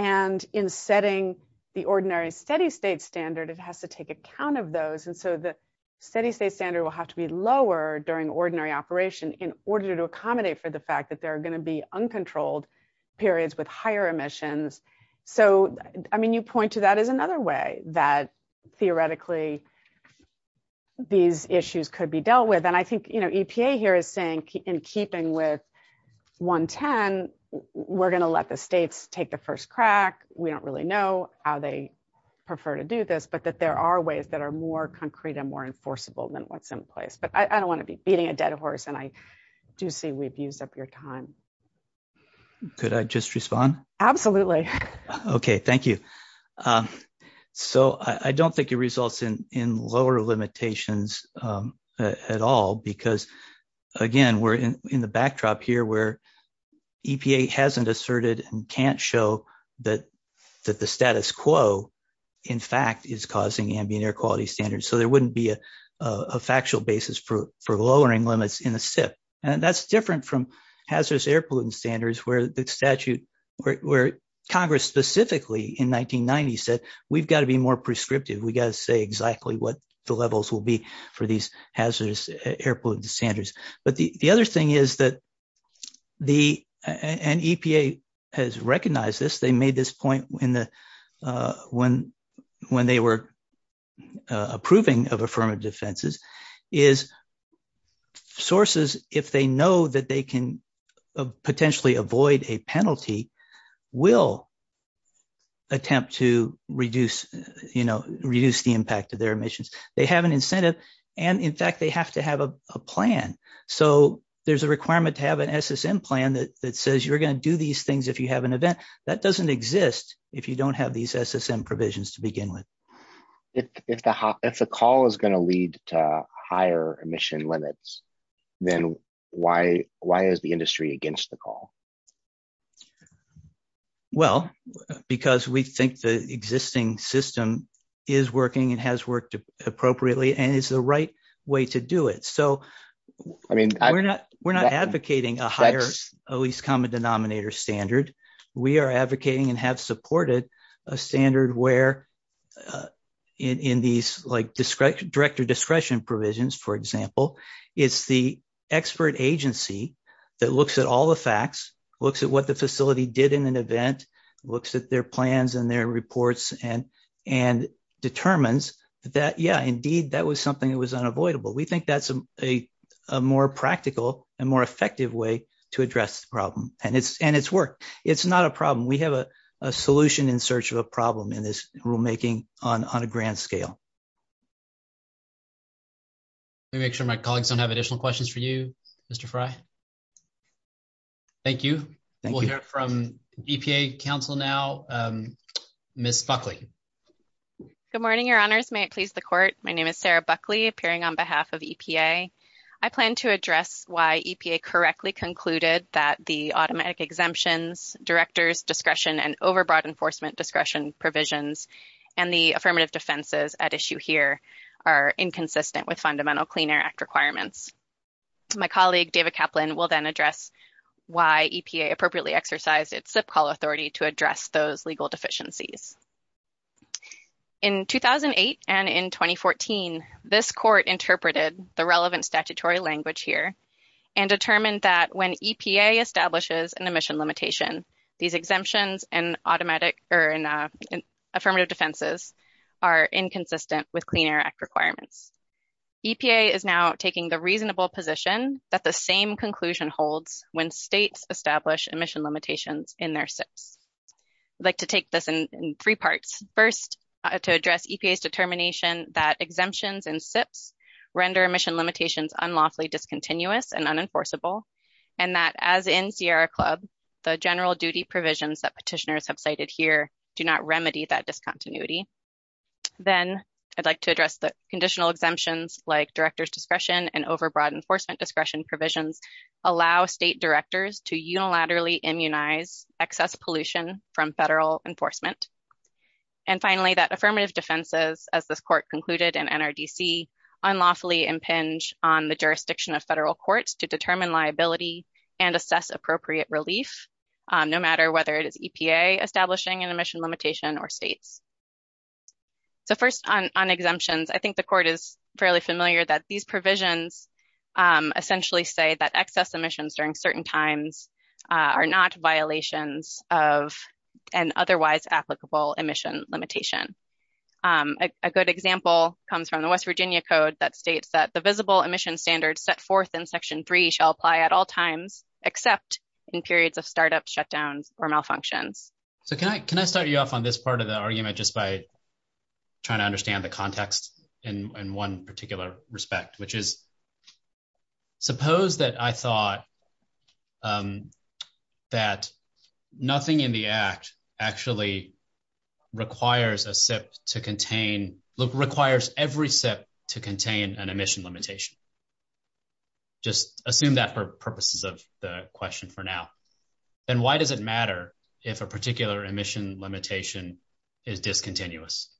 And in setting the ordinary steady state standard, it has to take account of those. And so the steady state standard will have to be lower during ordinary operation in order to accommodate for the fact that there are going to be uncontrolled periods with higher emissions. So, I mean, you point to that as another way that theoretically these issues could be dealt with. And I think, you know, EPA here is saying, in keeping with 110, we're going to let the states take the first crack. We don't really know how they prefer to do this, but that there are ways that are more concrete and more enforceable than what's in place. But I don't want to be beating a dead horse, and I do see we've used up your time. Could I just respond? Okay, thank you. So I don't think it results in lower limitations at all because, again, we're in the backdrop here where EPA hasn't asserted and can't show that the status quo, in fact, is causing ambient air quality standards. So there wouldn't be a factual basis for lowering limits in a SIP. And that's different from hazardous air pollutant standards where Congress specifically in 1990 said, we've got to be more prescriptive. We've got to say exactly what the levels will be for these hazardous air pollutant standards. But the other thing is that the – and EPA has recognized this. They made this point when they were approving of affirmative defenses – is sources, if they know that they can potentially avoid a penalty, will attempt to reduce the impact of their emissions. They have an incentive. And, in fact, they have to have a plan. So there's a requirement to have an SSM plan that says you're going to do these things if you have an event. That doesn't exist if you don't have these SSM provisions to begin with. If the call is going to lead to higher emission limits, then why is the industry against the call? Well, because we think the existing system is working and has worked appropriately and is the right way to do it. So we're not advocating a higher, at least common denominator standard. We are advocating and have supported a standard where in these director discretion provisions, for example, it's the expert agency that looks at all the facts, looks at what the facility did in an event, looks at their plans and their reports, and determines that, yeah, indeed, that was something that was unavoidable. We think that's a more practical and more effective way to address the problem. And it's worked. It's not a problem. We have a solution in search of a problem in this rulemaking on a grand scale. Let me make sure my colleagues don't have additional questions for you, Mr. Frey. Thank you. We'll hear from EPA counsel now, Ms. Buckley. Good morning, Your Honors. May it please the court. My name is Sarah Buckley, appearing on behalf of EPA. I plan to address why EPA correctly concluded that the automatic exemptions, director's discretion and overbought enforcement discretion provisions and the affirmative defenses at issue here are inconsistent with Fundamental Clean Air Act requirements. My colleague, David Kaplan, will then address why EPA appropriately exercised its SIP call authority to address those legal deficiencies. In 2008 and in 2014, this court interpreted the relevant statutory language here and determined that when EPA establishes an emission limitation, these exemptions and affirmative defenses are inconsistent with Clean Air Act requirements. EPA is now taking the reasonable position that the same conclusion holds when states establish emission limitations in their SIPs. I'd like to take this in three parts. First, to address EPA's determination that exemptions and SIPs render emission limitations unlawfully discontinuous and unenforceable and that, as in Sierra Club, the general duty provisions that petitioners have cited here do not remedy that discontinuity. Then, I'd like to address the conditional exemptions like director's discretion and overbought enforcement discretion provisions allow state directors to unilaterally immunize excess pollution from federal enforcement. And finally, that affirmative defenses, as this court concluded in NRDC, unlawfully impinge on the jurisdiction of federal courts to determine liability and assess appropriate relief, no matter whether it is EPA establishing an emission limitation or states. So first, on exemptions, I think the court is fairly familiar that these provisions essentially say that excess emissions during certain times are not violations of an otherwise applicable emission limitation. A good example comes from the West Virginia Code that states that the visible emission standards set forth in Section 3 shall apply at all times, except in periods of startup shutdown or malfunction. So, can I start you off on this part of the argument just by trying to understand the context in one particular respect, which is, suppose that I thought that nothing in the act actually requires a SIP to contain, requires every SIP to contain an emission limitation. Just assume that for purposes of the question for now. And why does it matter if a particular emission limitation is discontinuous?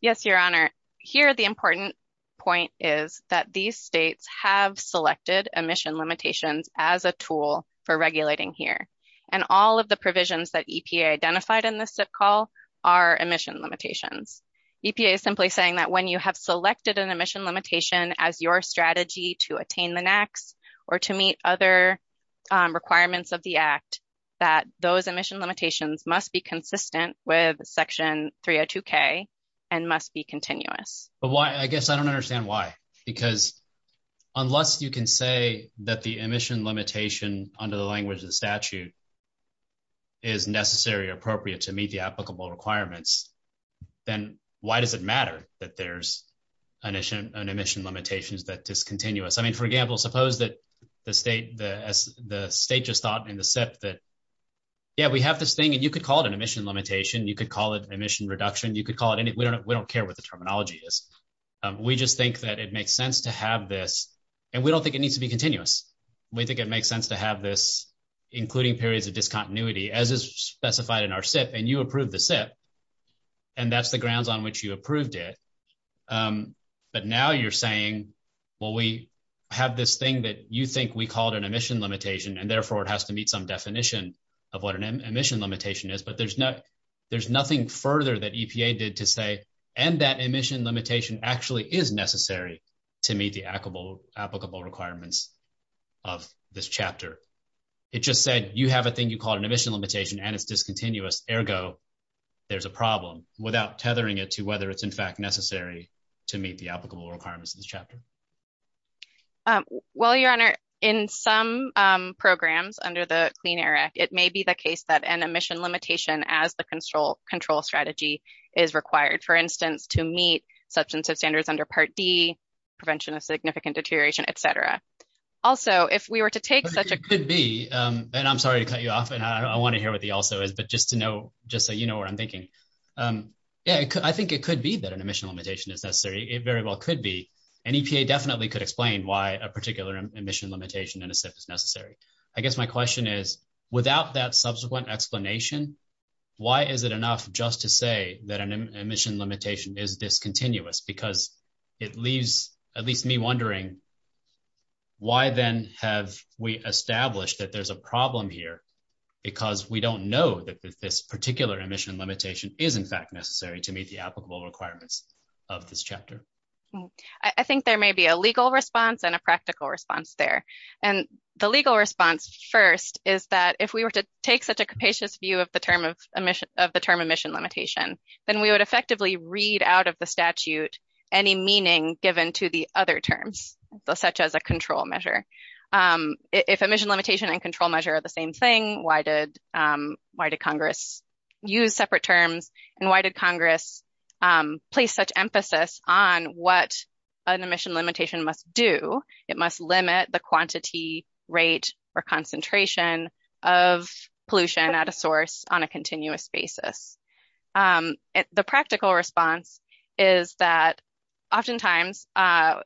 Yes, Your Honor. Here, the important point is that these states have selected emission limitations as a tool for regulating here. And all of the provisions that EPA identified in this SIP call are emission limitations. EPA is simply saying that when you have selected an emission limitation as your strategy to attain the next or to meet other requirements of the act, that those emission limitations must be consistent with Section 302K and must be continuous. But why? I guess I don't understand why. Because unless you can say that the emission limitation under the language of the statute is necessary or appropriate to meet the applicable requirements, then why does it matter that there's an emission limitation that's discontinuous? I mean, for example, suppose that the state just thought in the SIP that, yeah, we have this thing, and you could call it an emission limitation. You could call it emission reduction. You could call it anything. We don't care what the terminology is. We just think that it makes sense to have this, and we don't think it needs to be continuous. We think it makes sense to have this including periods of discontinuity as is specified in our SIP, and you approved the SIP. And that's the grounds on which you approved it. But now you're saying, well, we have this thing that you think we called an emission limitation, and therefore it has to meet some definition of what an emission limitation is. But there's nothing further that EPA did to say, and that emission limitation actually is necessary to meet the applicable requirements of this chapter. It just said you have a thing you call an emission limitation, and it's discontinuous. Ergo, there's a problem without tethering it to whether it's, in fact, necessary to meet the applicable requirements of this chapter. Well, Your Honor, in some programs under the Clean Air Act, it may be the case that an emission limitation as the control strategy is required, for instance, to meet substance use standards under Part D, prevention of significant deterioration, et cetera. Also, if we were to take such a- It could be, and I'm sorry to cut you off, and I want to hear what the also is, but just to know, just so you know what I'm thinking. Yeah, I think it could be that an emission limitation is necessary. It very well could be. And EPA definitely could explain why a particular emission limitation in a SIP is necessary. I guess my question is, without that subsequent explanation, why is it enough just to say that an emission limitation is discontinuous? Because it leaves at least me wondering, why then have we established that there's a problem here? Because we don't know that this particular emission limitation is, in fact, necessary to meet the applicable requirements of this chapter. I think there may be a legal response and a practical response there. And the legal response first is that if we were to take such a capacious view of the term emission limitation, then we would effectively read out of the statute any meaning given to the other terms, such as a control measure. If emission limitation and control measure are the same thing, why did Congress use separate terms? And why did Congress place such emphasis on what an emission limitation must do? It must limit the quantity, rate, or concentration of pollution at a source on a continuous basis. The practical response is that oftentimes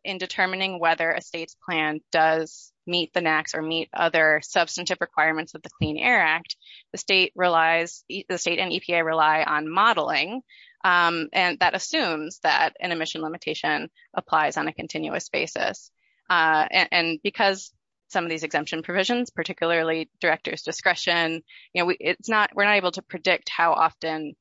in determining whether a state's plan does meet the NAAQS or meet other substantive requirements of the Clean Air Act, the state and EPA rely on modeling. And that assumes that an emission limitation applies on a continuous basis. And because some of these exemption provisions, particularly director's discretion, we're not able to predict how often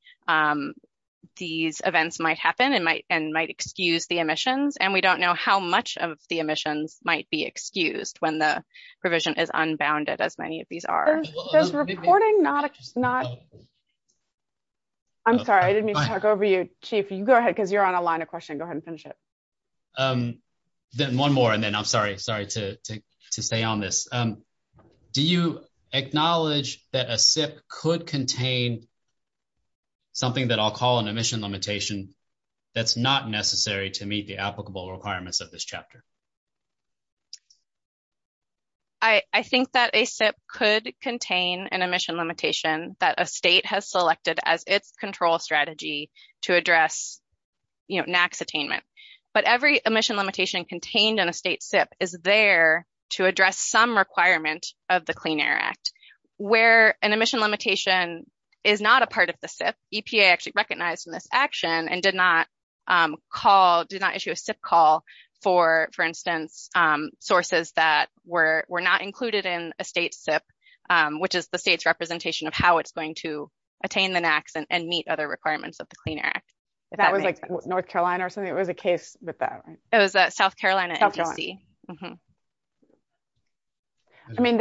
these events might happen and might excuse the emissions. And we don't know how much of the emissions might be excused when the provision is unbounded, as many of these are. I'm sorry, I didn't mean to talk over you, Chief. You go ahead, because you're on a line of questioning. Go ahead and finish it. One more, and then I'm sorry to stay on this. Do you acknowledge that a SIP could contain something that I'll call an emission limitation that's not necessary to meet the applicable requirements of this chapter? I think that a SIP could contain an emission limitation that a state has selected as its control strategy to address NAAQS attainment. But every emission limitation contained in a state SIP is there to address some requirement of the Clean Air Act. Where an emission limitation is not a part of the SIP, EPA actually recognized in this action and did not issue a SIP call for, for instance, sources that were not included in a state SIP, which is the state's representation of how it's going to attain the NAAQS and meet other requirements of the Clean Air Act. That was like North Carolina or something? It was a case with that, right? It was a South Carolina agency. I mean,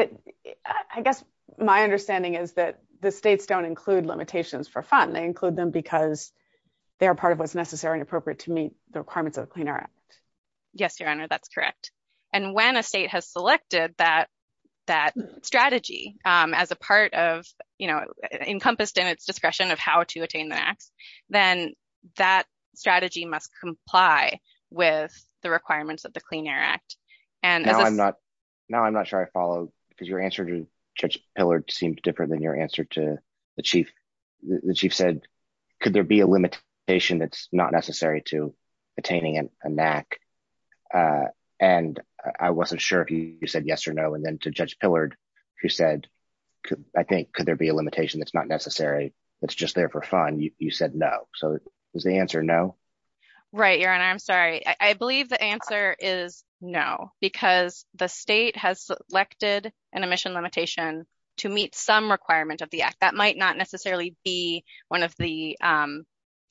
I guess my understanding is that the states don't include limitations for fun. They include them because they're part of what's necessary and appropriate to meet the requirements of the Clean Air Act. Yes, Your Honor, that's correct. And when a state has selected that strategy as a part of, you know, encompassed in its discretion of how to attain the NAAQS, then that strategy must comply with the requirements of the Clean Air Act. Now I'm not sure I follow, because your answer to Judge Pillard seemed different than your answer to the Chief. The Chief said, could there be a limitation that's not necessary to attaining a NAAQS? And I wasn't sure if you said yes or no. And then to Judge Pillard, who said, I think, could there be a limitation that's not necessary, that's just there for fun, you said no. So is the answer no? Right, Your Honor, I'm sorry. I believe the answer is no, because the state has selected an emission limitation to meet some requirement of the act. That might not necessarily be one of the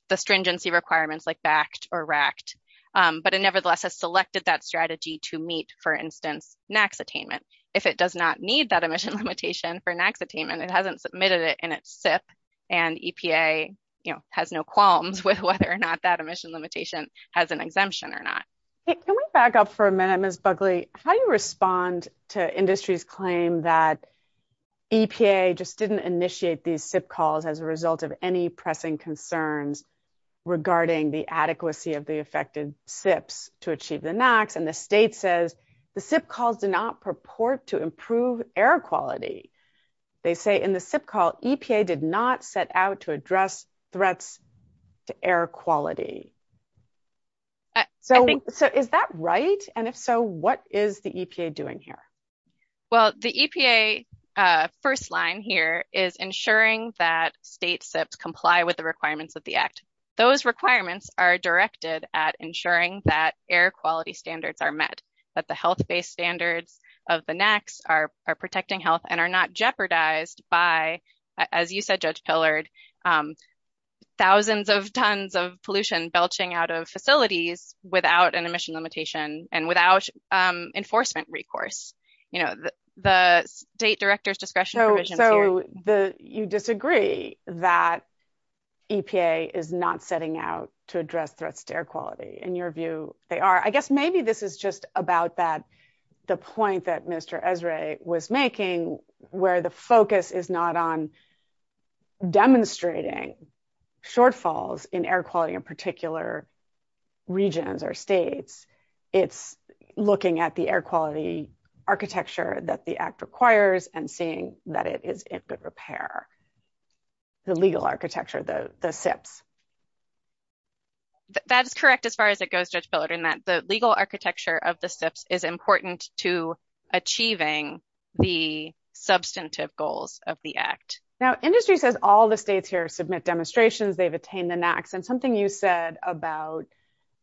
the stringency requirements like BACT or RACT, but it nevertheless has selected that strategy to meet, for instance, NAAQS attainment. If it does not need that emission limitation for NAAQS attainment, it hasn't submitted it in its SIP, and EPA has no qualms with whether or not that emission limitation has an exemption or not. Can we back up for a minute, Ms. Buckley? How do you respond to industry's claim that EPA just didn't initiate these SIP calls as a result of any pressing concerns regarding the adequacy of the affected SIPs to achieve the NAAQS, and the state says the SIP calls do not purport to improve air quality. They say in the SIP call, EPA did not set out to address threats to air quality. So is that right? And if so, what is the EPA doing here? Well, the EPA first line here is ensuring that state SIPs comply with the requirements of the act. Those requirements are directed at ensuring that air quality standards are met, that the health-based standards of the NAAQS are protecting health and are not jeopardized by, as you said, Judge Pillard, thousands of tons of pollution belching out of facilities without an emission limitation and without enforcement recourse. You know, the state director's discretionary provision here. You disagree that EPA is not setting out to address threats to air quality. In your view, they are. I guess maybe this is just about that, the point that Mr. Esrae was making, where the focus is not on demonstrating shortfalls in air quality in particular regions or states. It's looking at the air quality architecture that the act requires and seeing that it is in good repair. The legal architecture, the SIPs. That's correct as far as it goes, Judge Pillard, in that the legal architecture of the SIPs is important to achieving the substantive goals of the act. Now, industry says all the states here submit demonstrations, they've attained the NAAQS, and something you said about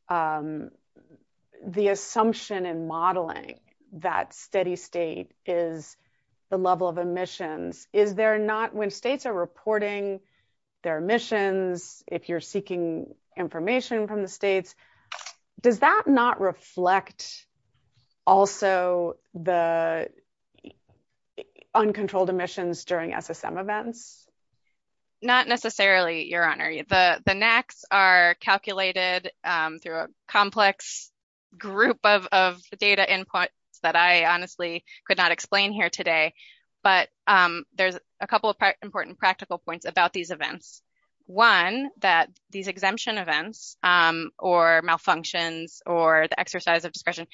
the assumption in modeling that steady state is the level of emissions. Is there not, when states are reporting their emissions, if you're seeking information from the states, does that not reflect also the uncontrolled emissions during SSM events? Not necessarily, Your Honor. The NAAQS are calculated through a complex group of data input that I honestly could not explain here today. But there's a couple of important practical points about these events. One, that these exemption events or malfunctions or the exercise of discretion,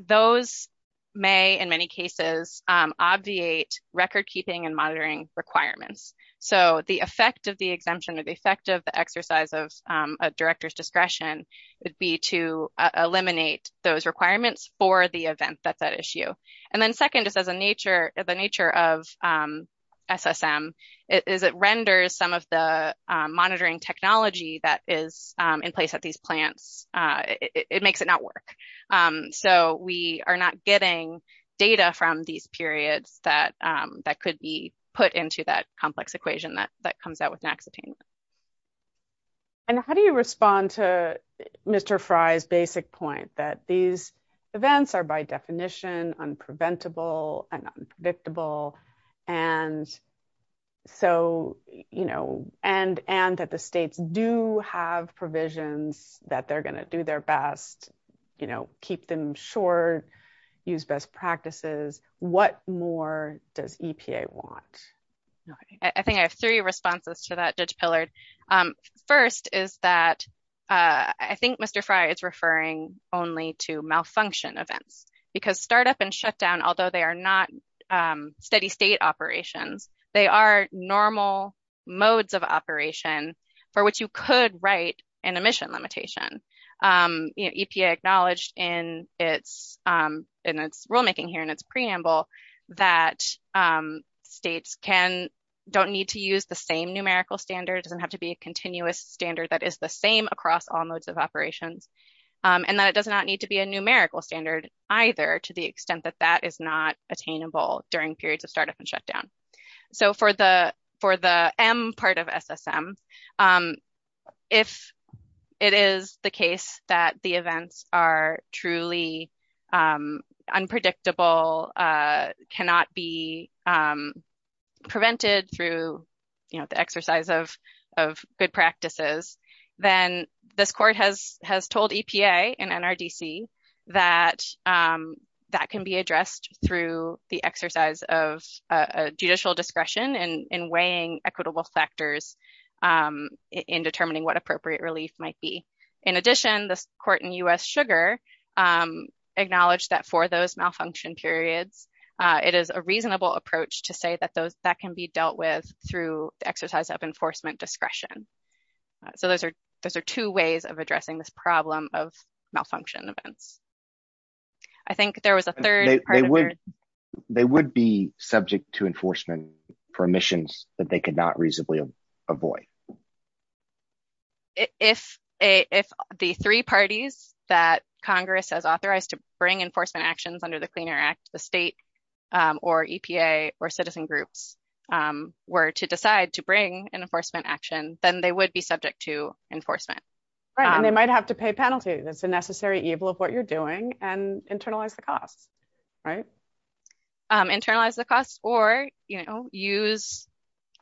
those may, in many cases, obviate record-keeping and monitoring requirements. So, the effect of the exemption, the effect of the exercise of a director's discretion would be to eliminate those requirements for the event that's at issue. And then, second, is that the nature of SSM is it renders some of the monitoring technology that is in place at these plants. It makes it not work. So, we are not getting data from these periods that could be put into that complex equation that comes out with NAAQS attainment. And how do you respond to Mr. Frye's basic point that these events are, by definition, unpreventable and unpredictable, and that the states do have provisions that they're going to do their best, keep them short, use best practices? What more does EPA want? I think I have three responses to that, Judge Pillard. First is that I think Mr. Frye is referring only to malfunction events, because startup and shutdown, although they are not steady-state operations, they are normal modes of operation for which you could write an emission limitation. EPA acknowledged in its rulemaking here and its preamble that states don't need to use the same numerical standards and have to be a continuous standard that is the same across all modes of operation. And that does not need to be a numerical standard either to the extent that that is not attainable during periods of startup and shutdown. So, for the M part of SSM, if it is the case that the events are truly unpredictable, cannot be prevented through the exercise of good practices, then this court has told EPA and NRDC that that can be addressed through the exercise of judicial discretion in weighing equitable factors in determining what appropriate relief might be. In addition, the court in U.S. Sugar acknowledged that for those malfunction periods, it is a reasonable approach to say that that can be dealt with through exercise of enforcement discretion. So, those are two ways of addressing this problem of malfunction events. I think there was a third part. They would be subject to enforcement permissions that they could not reasonably avoid. If the three parties that Congress has authorized to bring enforcement actions under the Clean Air Act, the state or EPA or citizen groups were to decide to bring an enforcement action, then they would be subject to enforcement. And they might have to pay penalties. It's a necessary evil of what you're doing and internalize the cost. Right? Internalize the cost or, you know, use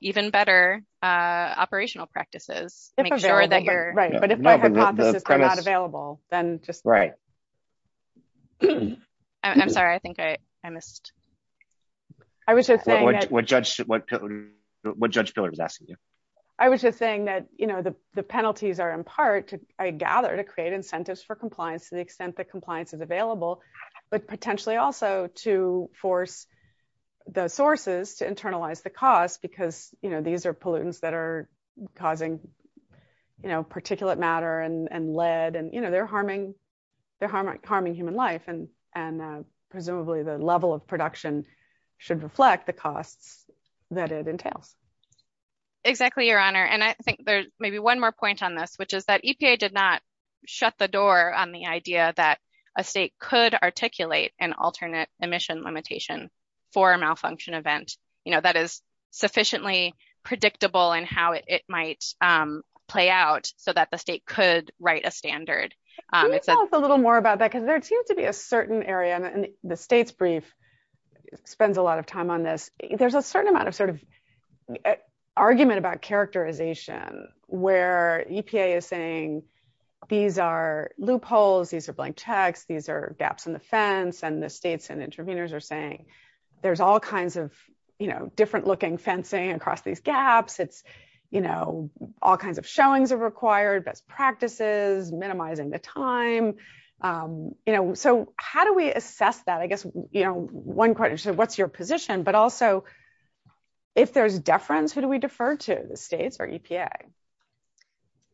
even better operational practices. Make sure that you're... Right. But if they have processes that are not available, then just... Right. I'm sorry. I think I missed. I was just saying that... What Judge Miller was asking you. I was just saying that, you know, the penalties are in part, I gather, to create incentives for compliance to the extent that compliance is available, but potentially also to force the sources to internalize the cost because, you know, these are pollutants that are causing, you know, particulate matter and lead. And, you know, they're harming human life. And presumably the level of production should reflect the cost that it entails. Exactly, Your Honor. And I think there's maybe one more point on this, which is that EPA did not shut the door on the idea that a state could articulate an alternate emission limitation for a malfunction event, you know, that is sufficiently predictable and how it might play out so that the state could write a standard. Can you tell us a little more about that? Because there seems to be a certain area, and the state's brief spends a lot of time on this. There's a certain amount of sort of argument about characterization where EPA is saying these are loopholes, these are blank text, these are gaps in the fence. And the states and interveners are saying there's all kinds of, you know, different looking fencing across these gaps. It's, you know, all kinds of showings are required, but practices, minimizing the time, you know. So how do we assess that? I guess, you know, one question is, what's your position? But also, if there's deference, who do we defer to, the states or EPA?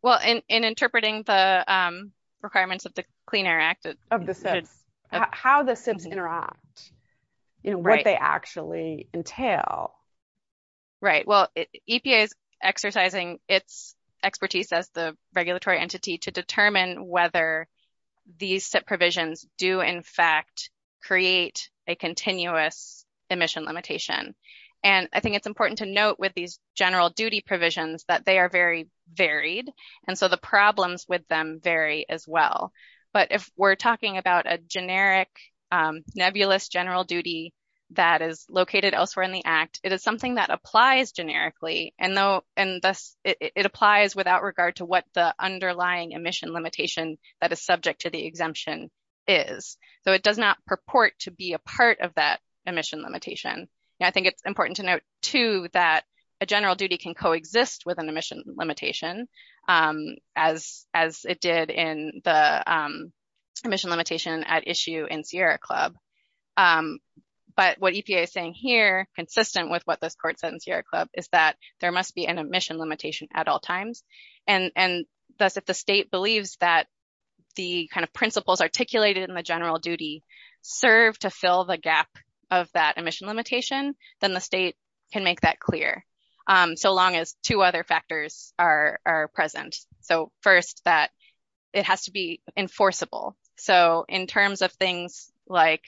Well, in interpreting the requirements of the Clean Air Act. How the SIPs interact, you know, what they actually entail. Right. Well, EPA is exercising its expertise as the regulatory entity to determine whether these SIP provisions do, in fact, create a continuous emission limitation. And I think it's important to note with these general duty provisions that they are very varied, and so the problems with them vary as well. But if we're talking about a generic nebulous general duty that is located elsewhere in the Act, it is something that applies generically. And thus, it applies without regard to what the underlying emission limitation that is subject to the exemption is. So it does not purport to be a part of that emission limitation. I think it's important to note, too, that a general duty can coexist with an emission limitation, as it did in the emission limitation at issue in Sierra Club. But what EPA is saying here, consistent with what the court said in Sierra Club, is that there must be an emission limitation at all times. And thus, if the state believes that the kind of principles articulated in the general duty serve to fill the gap of that emission limitation, then the state can make that clear. So long as two other factors are present. So first, that it has to be enforceable. So in terms of things like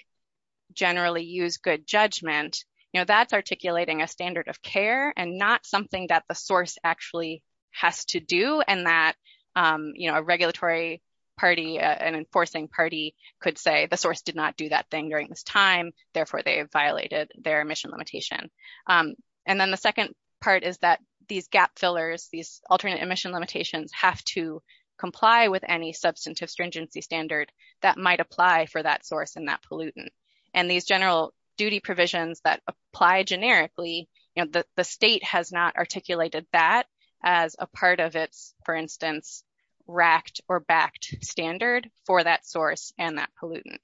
generally use good judgment, you know, that's articulating a standard of care and not something that the source actually has to do and that, you know, a regulatory party, an enforcing party could say the source did not do that thing during this time. Therefore, they have violated their emission limitation. And then the second part is that these gap fillers, these alternate emission limitations, have to comply with any substantive stringency standard that might apply for that source and that pollutant. And these general duty provisions that apply generically, the state has not articulated that as a part of its, for instance, racked or backed standard for that source and that pollutant.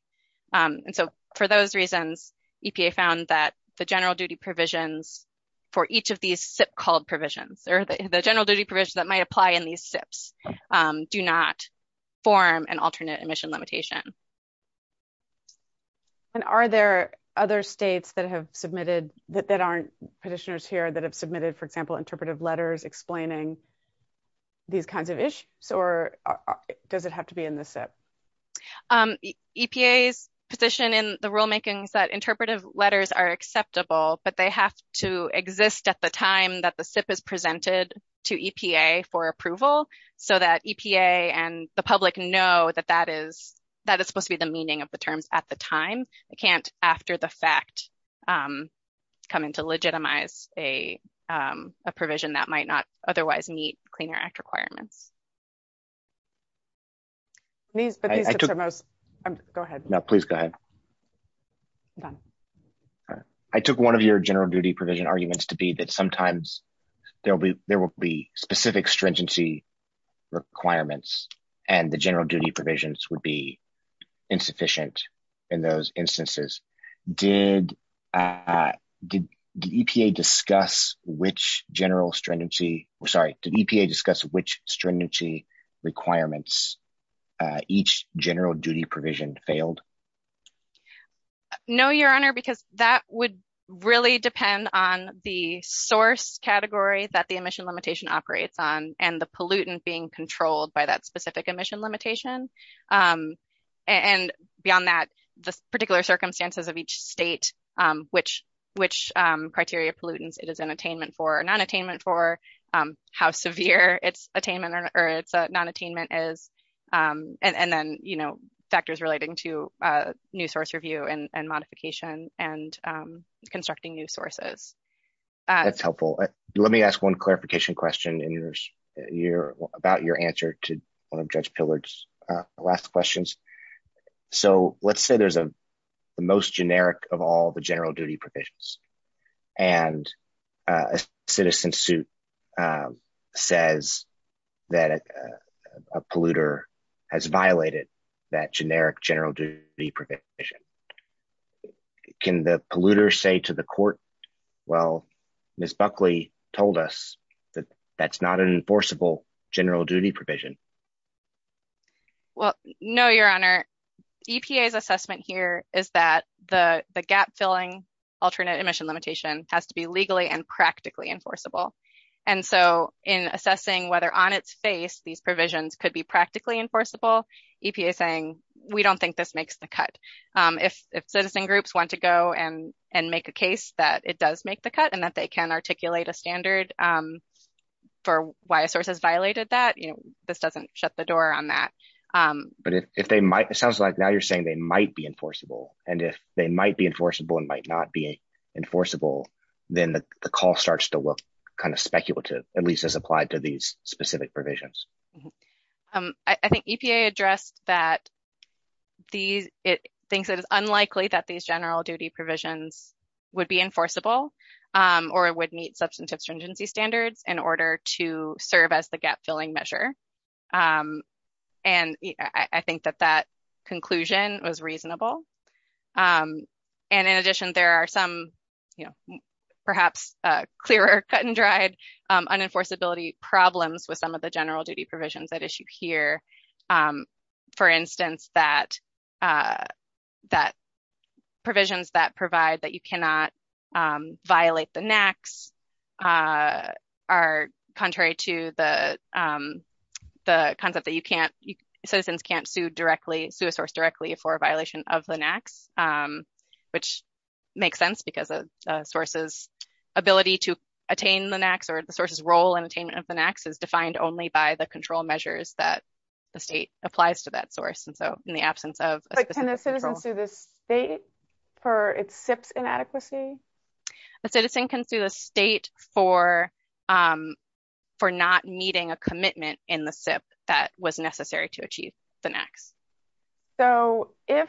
And so, for those reasons, EPA found that the general duty provisions for each of these SIP called provisions, the general duty provisions that might apply in these SIPs, do not form an alternate emission limitation. And are there other states that have submitted, that aren't petitioners here that have submitted, for example, interpretive letters explaining these kinds of issues or does it have to be in the SIP? EPA's position in the rulemaking is that interpretive letters are acceptable, but they have to exist at the time that the SIP is presented to EPA for approval so that EPA and the public know that that is, that is supposed to be the meaning of the terms at the time. It can't, after the fact, come into legitimize a provision that might not otherwise meet Clean Air Act requirements. I took one of your general duty provision arguments to be that sometimes there will be, there will be specific stringency requirements and the general duty provisions would be insufficient in those instances. Did EPA discuss which general stringency, sorry, did EPA discuss which stringency requirements each general duty provision failed? No, Your Honor, because that would really depend on the source category that the emission limitation operates on and the pollutant being controlled by that specific emission limitation. And beyond that, the particular circumstances of each state, which criteria pollutants it is an attainment for or non-attainment for, how severe its attainment or non-attainment is, and then, you know, factors relating to new source review and modification and constructing new sources. That's helpful. Let me ask one clarification question about your answer to Judge Pillard's last questions. So let's say there's a most generic of all the general duty provisions and a citizen suit says that a polluter has violated that generic general duty provision. Can the polluter say to the court, well, Ms. Buckley told us that that's not an enforceable general duty provision? Well, no, Your Honor. EPA's assessment here is that the gap filling alternate emission limitation has to be legally and practically enforceable. And so in assessing whether on its face these provisions could be practically enforceable, EPA is saying, we don't think this makes the cut. If citizen groups want to go and make a case that it does make the cut and that they can articulate a standard for why a source has violated that, you know, this doesn't shut the door on that. But if they might, it sounds like now you're saying they might be enforceable, and if they might be enforceable and might not be enforceable, then the call starts to look kind of speculative, at least as applied to these specific provisions. I think EPA addressed that it thinks it is unlikely that these general duty provisions would be enforceable or would meet substantive stringency standards in order to serve as the gap filling measure. And I think that that conclusion was reasonable. And in addition, there are some, you know, perhaps clearer cut and dried unenforceability problems with some of the general duty provisions at issue here. For instance, that provisions that provide that you cannot violate the NAAQS are contrary to the concept that citizens can't sue a source directly for a violation of the NAAQS, which makes sense because a source's ability to attain the NAAQS or the source's role in attainment of the NAAQS is defined only by the control measures that the state applies to that source. And so in the absence of... But can a citizen sue the state for its SIPs inadequacy? A citizen can sue the state for not meeting a commitment in the SIP that was necessary to achieve the NAAQS. So if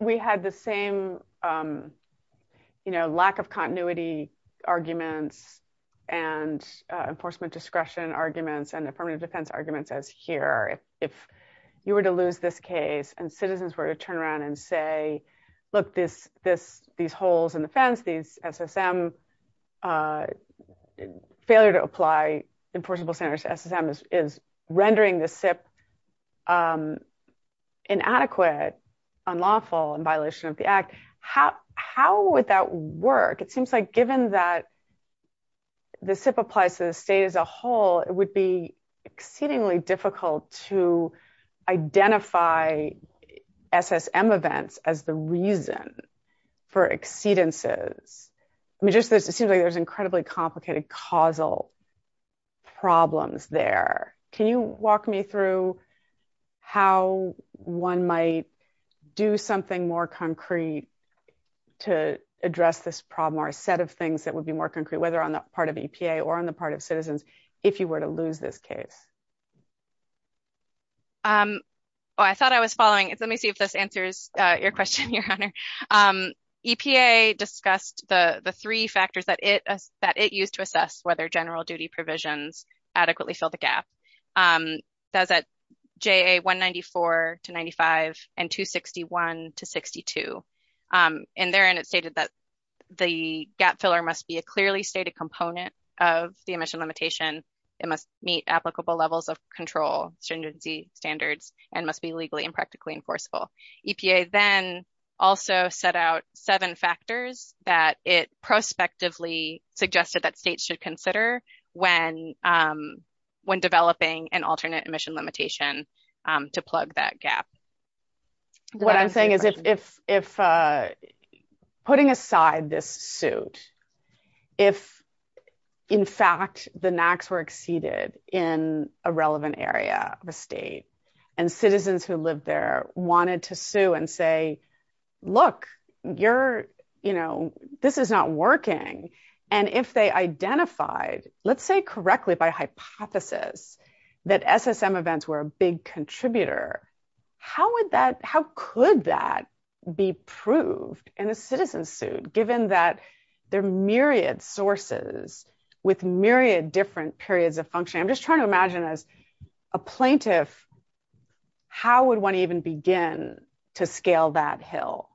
we had the same, you know, lack of continuity arguments and enforcement discretion arguments and affirmative defense arguments as here, if you were to lose this case and citizens were to turn around and say, look, these holes in the fence, these SSM, failure to apply enforceable standards to SSM is rendering the SIP inadequate, unlawful, in violation of the act, how would that work? It seems like given that the SIP applies to the state as a whole, it would be exceedingly difficult to identify SSM events as the reason for exceedances. It seems like there's incredibly complicated causal problems there. Can you walk me through how one might do something more concrete to address this problem or a set of things that would be more concrete, whether on the part of EPA or on the part of citizens, if you were to lose this case? Oh, I thought I was following. Let me see if this answers your question, Your Honor. EPA discussed the three factors that it used to assess whether general duty provisions adequately fill the gap. It says that J.A. 194 to 95 and 261 to 62. And therein it stated that the gap filler must be a clearly stated component of the emission limitation. It must meet applicable levels of control standards and must be legally and practically enforceable. EPA then also set out seven factors that it prospectively suggested that states should consider when developing an alternate emission limitation to plug that gap. What I'm saying is if putting aside this suit, if in fact the NACs were exceeded in a relevant area of the state and citizens who live there wanted to sue and say, look, this is not working. And if they identified, let's say correctly by hypothesis, that SSM events were a big contributor, how could that be proved in a citizen suit, given that there are myriad sources with myriad different periods of functioning? I'm just trying to imagine as a plaintiff, how would one even begin to scale that hill?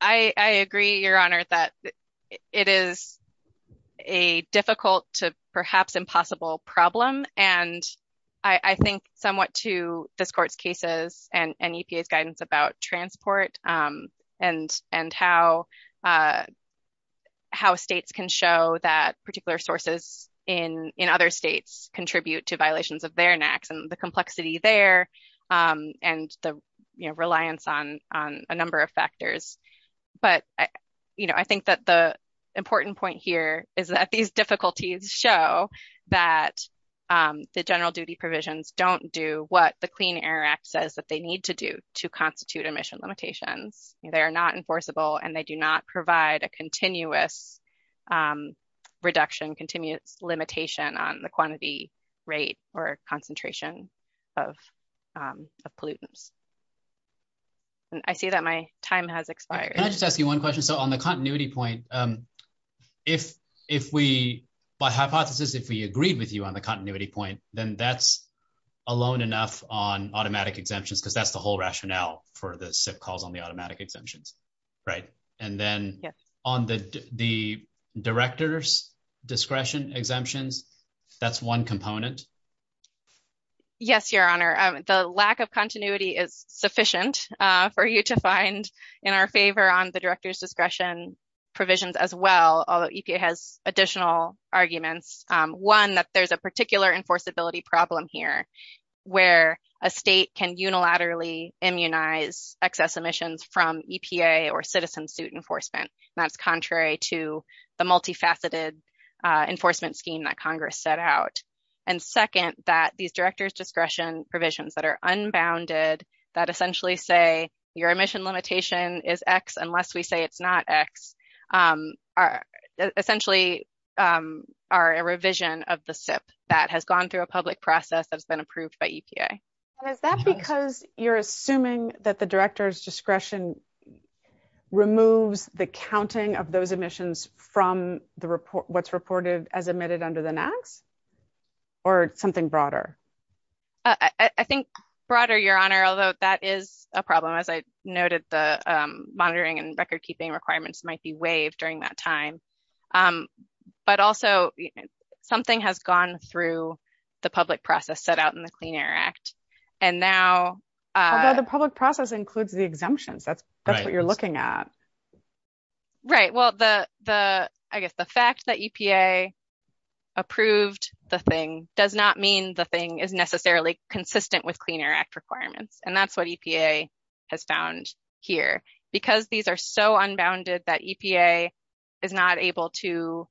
I agree, Your Honor, that it is a difficult to perhaps impossible problem. And I think somewhat to this court's cases and EPA's guidance about transport and how states can show that particular sources in other states contribute to violations of their NACs and the complexity there. And the reliance on a number of factors. But I think that the important point here is that these difficulties show that the general duty provisions don't do what the Clean Air Act says that they need to do to constitute emission limitations. They are not enforceable and they do not provide a continuous reduction, continuous limitation on the quantity, rate, or concentration of pollutants. I see that my time has expired. Can I just ask you one question? So on the continuity point, if we, by hypothesis, if we agree with you on the continuity point, then that's alone enough on automatic exemptions, because that's the whole rationale for the SIP calls on the automatic exemptions, right? And then on the director's discretion exemptions, that's one component? Yes, Your Honor, the lack of continuity is sufficient for you to find in our favor on the director's discretion provisions as well, although EPA has additional arguments. One, that there's a particular enforceability problem here where a state can unilaterally immunize excess emissions from EPA or citizen suit enforcement. That's contrary to the multifaceted enforcement scheme that Congress set out. And second, that these director's discretion provisions that are unbounded, that essentially say your emission limitation is X unless we say it's not X, are essentially a revision of the SIP that has gone through a public process that's been approved by EPA. Is that because you're assuming that the director's discretion removes the counting of those emissions from what's reported as emitted under the NAAQS? Or something broader? I think broader, Your Honor, although that is a problem. As I noted, the monitoring and recordkeeping requirements might be waived during that time. But also, something has gone through the public process set out in the Clean Air Act. And now... Although the public process includes the exemptions. That's what you're looking at. Right. Well, I guess the fact that EPA approved the thing does not mean the thing is necessarily consistent with Clean Air Act requirements. And that's what EPA has found here. Because these are so unbounded that EPA is not able to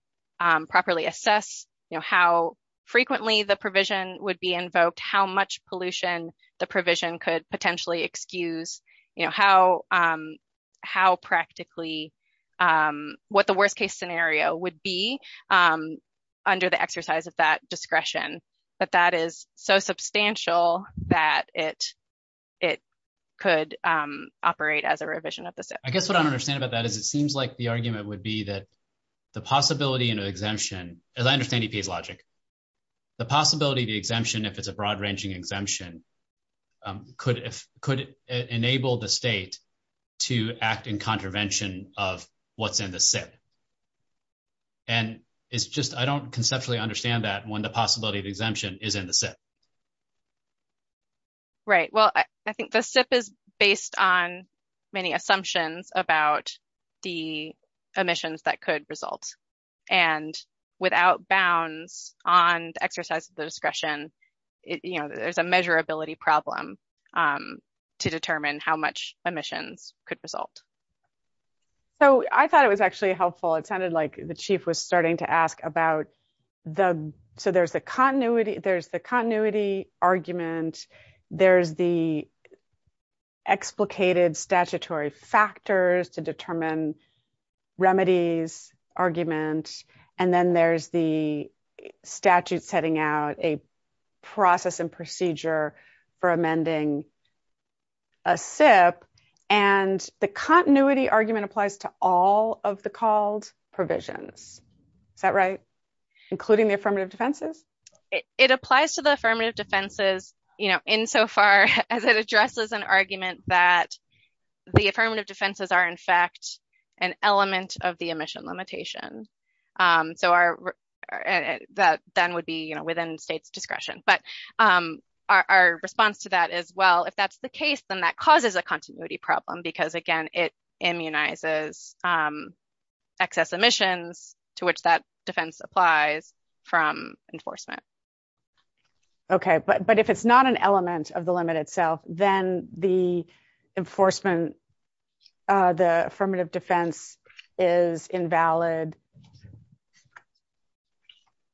properly assess how frequently the provision would be invoked, how much pollution the provision could potentially excuse. How practically what the worst case scenario would be under the exercise of that discretion. But that is so substantial that it could operate as a revision of the SIP. I guess what I don't understand about that is it seems like the argument would be that the possibility of an exemption, as I understand EPA's logic, the possibility of the exemption, if it's a broad ranging exemption, could enable the state to act in contravention of what's in the SIP. And it's just, I don't conceptually understand that when the possibility of exemption is in the SIP. Right. Well, I think the SIP is based on many assumptions about the emissions that could result. And without bounds on the exercise of the discretion, there's a measurability problem to determine how much emissions could result. So I thought it was actually helpful. It sounded like the chief was starting to ask about the, so there's the continuity, there's the continuity argument. There's the explicated statutory factors to determine remedies, arguments. And then there's the statute setting out a process and procedure for amending a SIP. And the continuity argument applies to all of the called provisions. Is that right? Including the affirmative defenses? It applies to the affirmative defenses, you know, insofar as it addresses an argument that the affirmative defenses are, in fact, an element of the emission limitation. So that then would be, you know, within state discretion. But our response to that is, well, if that's the case, then that causes a continuity problem because, again, it immunizes excess emissions to which that defense applies from enforcement. Okay, but if it's not an element of the limit itself, then the enforcement, the affirmative defense is invalid.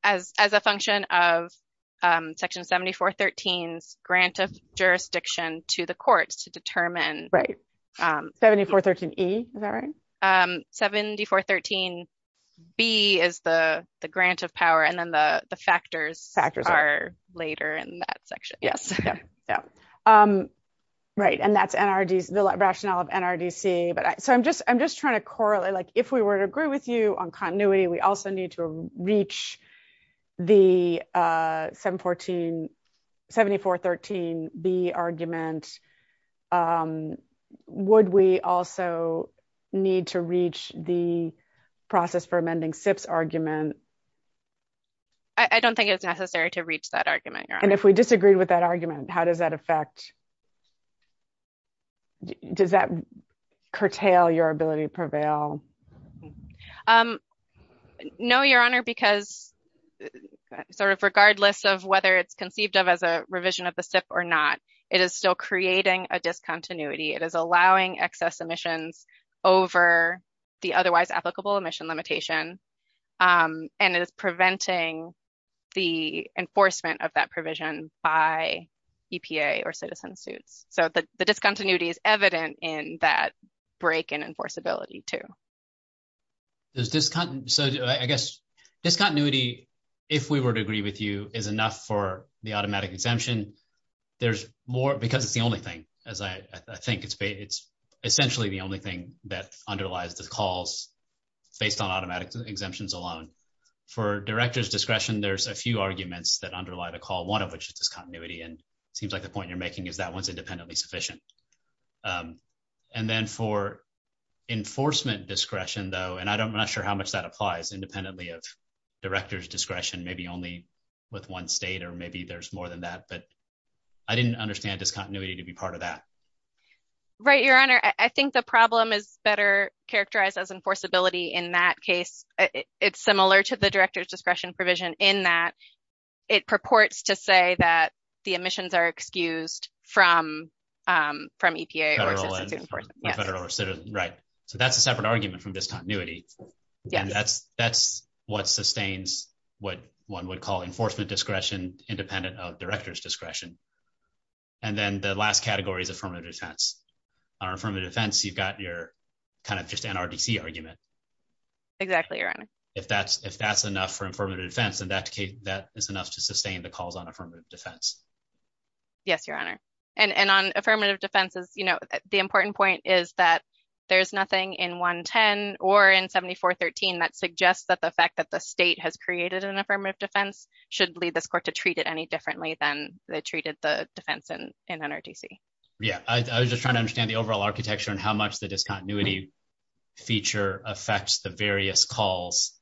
As a function of Section 7413's grant of jurisdiction to the courts to determine. Right. 7413E, is that right? 7413B is the grant of power, and then the factors are later in that section. Yes. Right. And that's the rationale of NRDC. So I'm just trying to correlate, like, if we were to agree with you on continuity, we also need to reach the 7413B argument. Would we also need to reach the process for amending SIP's argument? I don't think it's necessary to reach that argument. And if we disagree with that argument, how does that affect, does that curtail your ability to prevail? No, Your Honor, because sort of regardless of whether it's conceived of as a revision of the SIP or not, it is still creating a discontinuity. It is allowing excess emissions over the otherwise applicable emission limitation and is preventing the enforcement of that provision by EPA or citizen suit. So the discontinuity is evident in that break in enforceability, too. So I guess discontinuity, if we were to agree with you, is enough for the automatic exemption. There's more because it's the only thing, as I think it's essentially the only thing that underlies the calls based on automatic exemptions alone. For director's discretion, there's a few arguments that underlie the call, one of which is discontinuity, and it seems like the point you're making is that one's independently sufficient. And then for enforcement discretion, though, and I'm not sure how much that applies independently of director's discretion, maybe only with one state or maybe there's more than that, but I didn't understand discontinuity to be part of that. Right, Your Honor, I think the problem is better characterized as enforceability in that case. It's similar to the director's discretion provision in that it purports to say that the emissions are excused from EPA or citizen suit enforcement. Federal or citizen, right. So that's a separate argument from discontinuity. That's what sustains what one would call enforcement discretion independent of director's discretion. And then the last category is affirmative defense. On affirmative defense, you've got your kind of just NRDC argument. Exactly, Your Honor. If that's enough for affirmative defense, then that is enough to sustain the calls on affirmative defense. Yes, Your Honor. And on affirmative defenses, you know, the important point is that there's nothing in 110 or in 7413 that suggests that the fact that the state has created an affirmative defense should lead this court to treat it any differently than they treated the defense in NRDC. Yeah, I was just trying to understand the overall architecture and how much the discontinuity feature affects the various calls.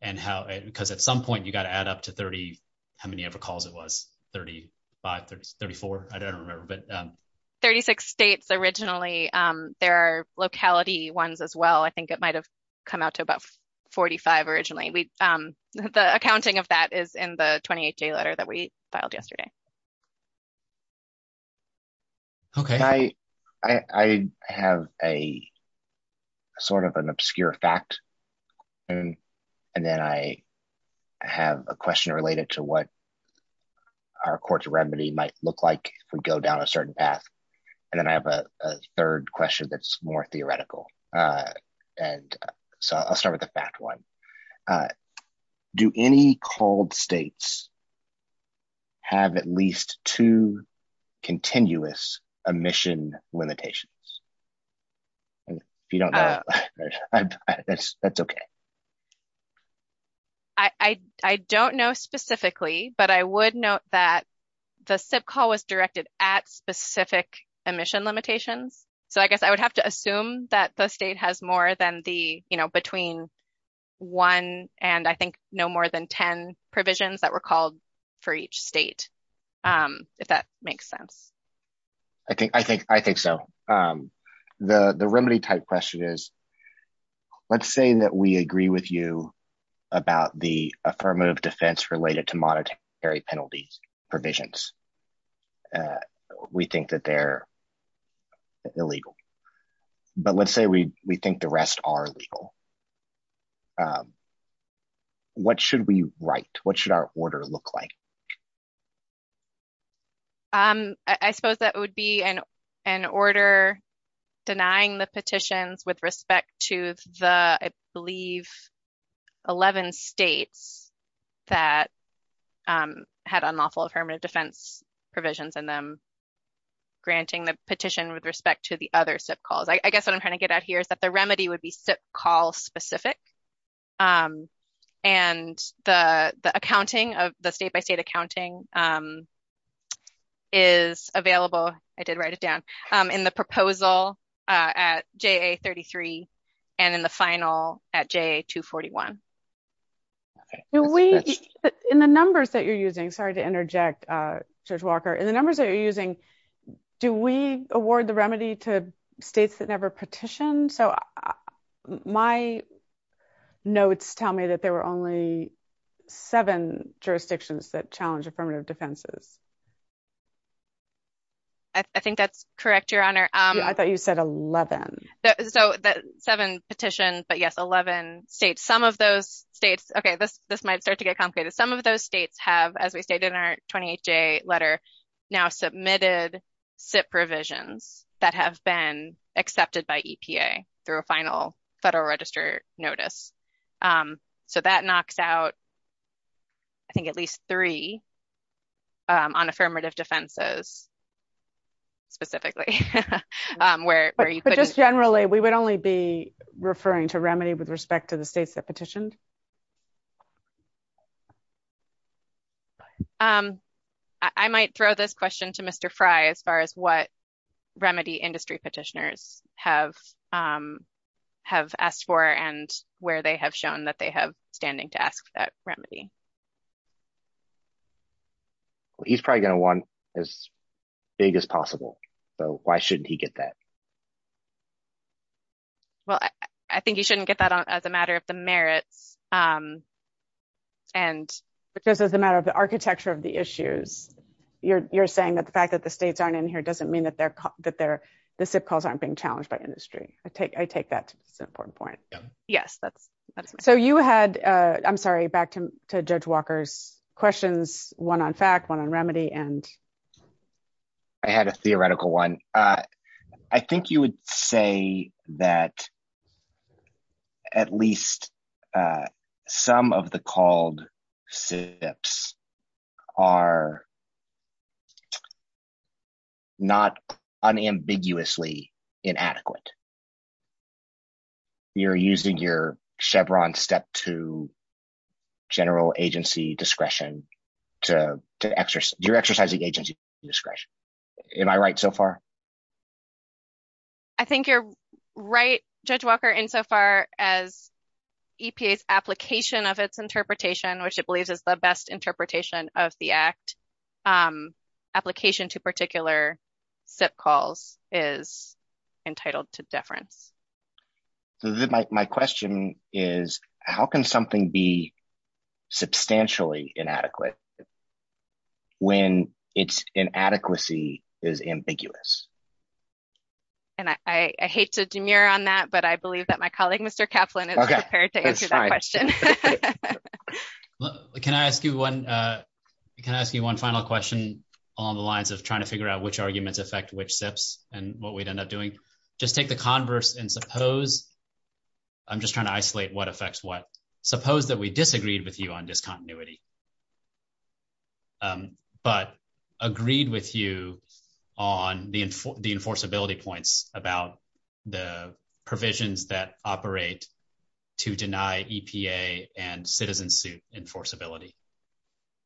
And how, because at some point you got to add up to 30, how many ever calls it was? 35, 34? I don't remember. 36 states originally. There are locality ones as well. I think it might have come out to about 45 originally. The accounting of that is in the 28th day letter that we filed yesterday. Okay, I have a sort of an obscure fact. And then I have a question related to what our court's remedy might look like if we go down a certain path. And then I have a third question that's more theoretical. And so I'll start with the fact one. Do any called states have at least two continuous emission limitations? If you don't know, that's okay. I don't know specifically, but I would note that the SIP call was directed at specific emission limitations. So I guess I would have to assume that the state has more than the, you know, between one and I think no more than 10 provisions that were called for each state. If that makes sense. I think so. The remedy type question is, let's say that we agree with you about the affirmative defense related to monetary penalty provisions. We think that they're illegal. But let's say we think the rest are legal. What should we write? What should our order look like? I suppose that would be an order denying the petition with respect to the, I believe, 11 states that had unlawful affirmative defense provisions and then granting the petition with respect to the other SIP calls. I guess what I'm trying to get at here is that the remedy would be SIP call specific. And the accounting of the state by state accounting is available. I did write it down in the proposal at JA-33 and in the final at JA-241. In the numbers that you're using, sorry to interject, Judge Walker, in the numbers that you're using, do we award the remedy to states that never petitioned? So my notes tell me that there were only seven jurisdictions that challenged affirmative defenses. I think that's correct, Your Honor. I thought you said 11. Seven petitions, but yes, 11 states. Some of those states, okay, this might start to get complicated. Some of those states have, as we stated in our 28-day letter, now submitted SIP provisions that have been accepted by EPA through a final federal register notice. So that knocks out, I think, at least three on affirmative defenses specifically. But just generally, we would only be referring to remedy with respect to the states that petitioned? I might throw this question to Mr. Fry as far as what remedy industry petitioners have asked for and where they have shown that they have standing to ask that remedy. Well, he's probably going to want as big as possible, so why shouldn't he get that? Well, I think he shouldn't get that as a matter of the merit. Because as a matter of the architecture of the issues, you're saying that the fact that the states aren't in here doesn't mean that the SIP calls aren't being challenged by industry. I take that as an important point. Yes. So you had, I'm sorry, back to Judge Walker's questions, one on FAC, one on remedy, and? I had a theoretical one. I think you would say that at least some of the called SIPs are not unambiguously inadequate. You're using your Chevron step to general agency discretion to, you're exercising agency discretion. Am I right so far? I think you're right, Judge Walker, insofar as EPA's application of its interpretation, which it believes is the best interpretation of the Act, application to particular SIP calls is entitled to deference. My question is, how can something be substantially inadequate when its inadequacy is ambiguous? And I hate to demur on that, but I believe that my colleague, Mr. Kaplan, is prepared to answer that question. Can I ask you one final question along the lines of trying to figure out which arguments affect which SIPs and what we'd end up doing? Just take the converse and suppose, I'm just trying to isolate what affects what.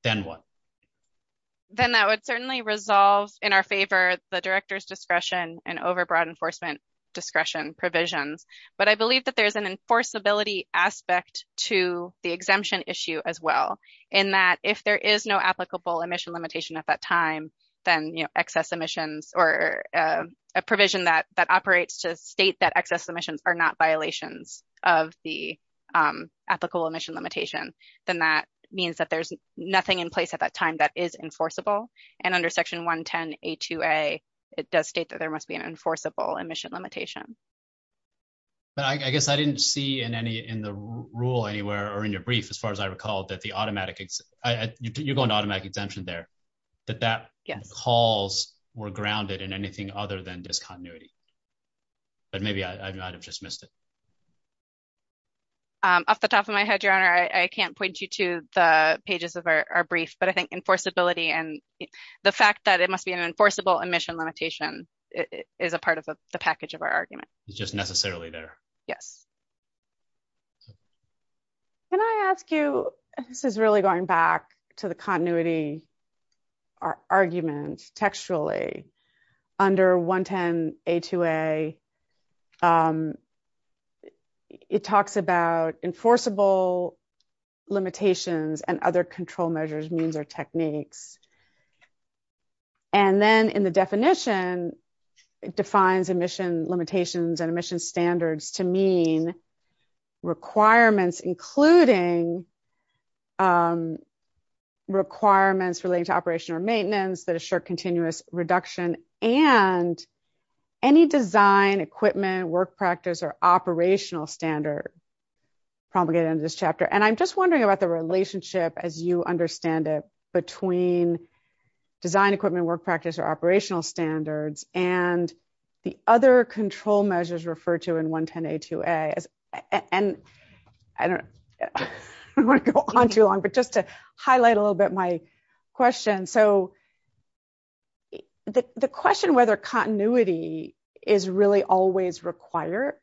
Then what? Then that would certainly resolve in our favor the director's discretion and overbroad enforcement discretion provisions. But I believe that there's an enforceability aspect to the exemption issue as well, in that if there is no applicable emission limitation at that time, then excess emissions or a provision that operates to state that excess emissions are not violations of the application. If there is an applicable emission limitation, then that means that there's nothing in place at that time that is enforceable. And under Section 110A2A, it does state that there must be an enforceable emission limitation. But I guess I didn't see in the rule anywhere or in your brief, as far as I recall, that the automatic, you're going to automatic exemption there, that that calls were grounded in anything other than discontinuity. But maybe I might have just missed it. Off the top of my head, your honor, I can't point you to the pages of our brief, but I think enforceability and the fact that it must be an enforceable emission limitation is a part of the package of our argument. It's just necessarily there. Yes. Can I ask you, this is really going back to the continuity argument textually. Under 110A2A, it talks about enforceable limitations and other control measures, means or techniques. And then in the definition, it defines emission limitations and emission standards to mean requirements, including requirements relating to operation or maintenance that assure continuous reduction and any design, equipment, work practice or operational standard. And I'm just wondering about the relationship, as you understand it, between design, equipment, work practice or operational standards and the other control measures referred to in 110A2A. And I don't want to go on too long, but just to highlight a little bit my question. And so the question whether continuity is really always required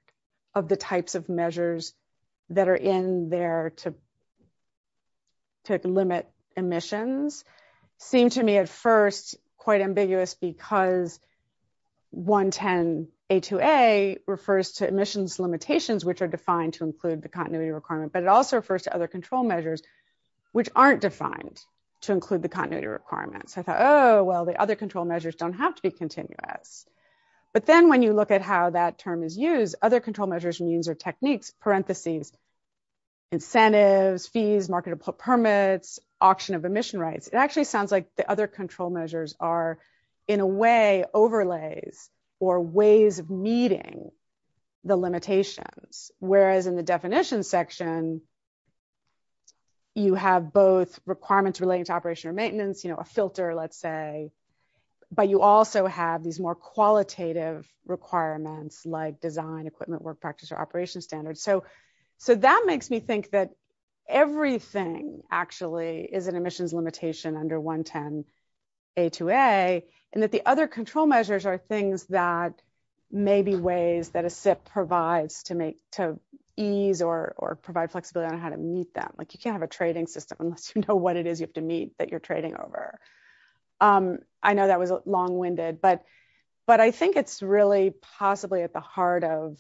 of the types of measures that are in there to limit emissions seemed to me at first quite ambiguous because 110A2A refers to emissions limitations, which are defined to include the continuity requirement, but it also refers to other control measures, which aren't defined to include the continuity requirements. I thought, oh, well, the other control measures don't have to be continuous. But then when you look at how that term is used, other control measures, means or techniques, parentheses, incentives, fees, marketable permits, auction of emission rights. It actually sounds like the other control measures are in a way overlays or ways of meeting the limitations, whereas in the definition section, you have both requirements relating to operation or maintenance, you know, a filter, let's say, but you also have these more qualitative requirements like design, equipment, work practice or operational standards. So that makes me think that everything actually is an emissions limitation under 110A2A and that the other control measures are things that may be ways that a SIP provides to ease or provide flexibility on how to meet that. Like you can't have a trading system unless you know what it is you have to meet that you're trading over. I know that was long-winded, but I think it's really possibly at the heart of